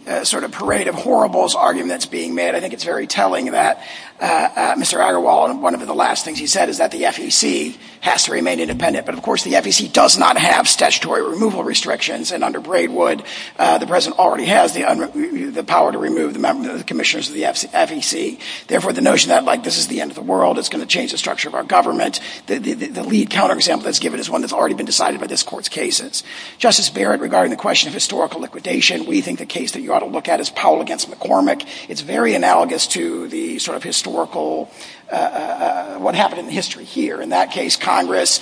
parade of horribles arguments being made, I think it's very telling that Mr. Agarwal, one of the last things he said is that the FEC has to remain independent, but of course, the FEC does not have statutory removal restrictions, and under Braidwood, the president already has the power to remove the members of the commissioners of the FEC. Therefore, the notion that like this is the end of the world, it's going to change the structure of our government, the lead counter example that's given is one that's already been decided by this court's cases. Justice Barrett, regarding the question of historical liquidation, we think the case that you ought to look at is Powell against McCormick. It's very analogous to the sort of historical, what happened in history here. In that case, Congress,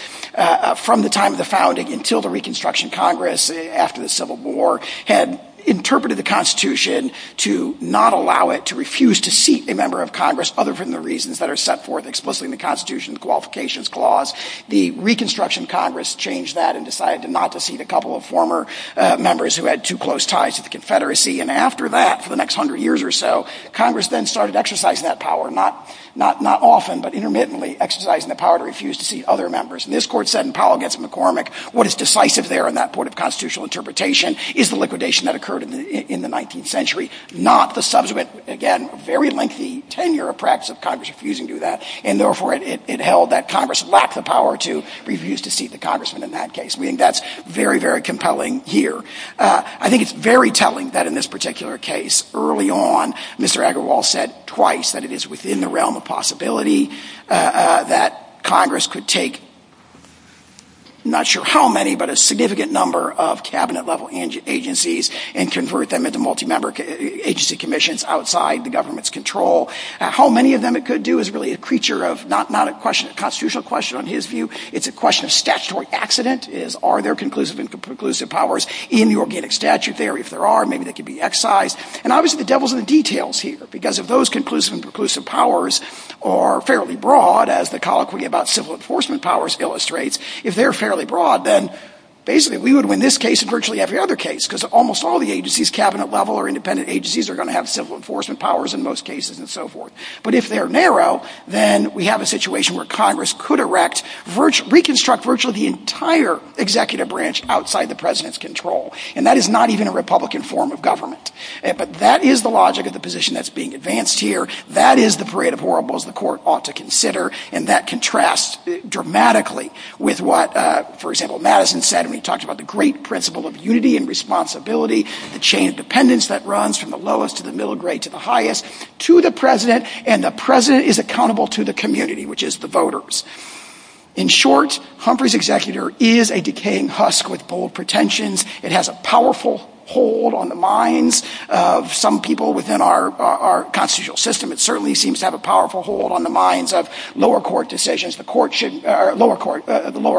from the time of the founding until the Reconstruction Congress after the Civil War, had interpreted the Constitution to not allow it to refuse to seat a member of Congress other than the reasons that are set forth explicitly in the Constitution, the Qualifications Clause. The Reconstruction Congress changed that and decided not to seat a couple of former members who had too close ties to the Confederacy. After that, for the next 100 years or so, Congress then started exercising that power, not often but intermittently, exercising the power to refuse to seat other members. And this court said in Powell against McCormick, what is decisive there in that point of constitutional interpretation is the liquidation that occurred in the 19th century, not the subsequent, again, very lengthy tenure of practice of Congress refusing to do that. And therefore, it held that Congress lacked the power to refuse to seat the Congressman in that case, meaning that's very, very compelling here. I think it's very telling that in this particular case, early on, Mr. Agarwal said twice that it's within the realm of possibility that Congress could take not sure how many but a significant number of cabinet level agencies and convert them into multi-member agency commissions outside the government's control. How many of them it could do is really a creature of not a question of constitutional question on his view. It's a question of statutory accident, is are there conclusive and preclusive powers in the organic statute theory? If there are, maybe they could be excised. And obviously, the devil's in the details here because of those conclusive and preclusive powers are fairly broad as the colloquy about civil enforcement powers illustrates. If they're fairly broad, then basically, we would win this case and virtually every other case because almost all the agencies, cabinet level or independent agencies are going to have civil enforcement powers in most cases and so forth. But if they're narrow, then we have a situation where Congress could erect, reconstruct virtually the entire executive branch outside the President's control. And that is not even a Republican form of government. But that is the logic of the position that's being advanced here. That is the parade of horribles the court ought to consider and that contrasts dramatically with what, for example, Madison said when he talked about the great principle of unity and responsibility, the chain of dependence that runs from the lowest to the middle grade to the highest to the President and the President is accountable to the community which is the voters. In short, Humphrey's executor is a decaying husk with bold pretensions. It has a powerful hold on the minds of some people within our constitutional system. It certainly seems to have a powerful hold on the minds of lower court decisions. The lower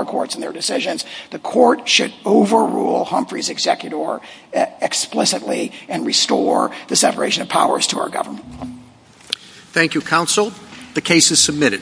courts and their decisions. The court should overrule Humphrey's executor explicitly and restore the separation of powers to our government. Thank you, counsel. The case is submitted.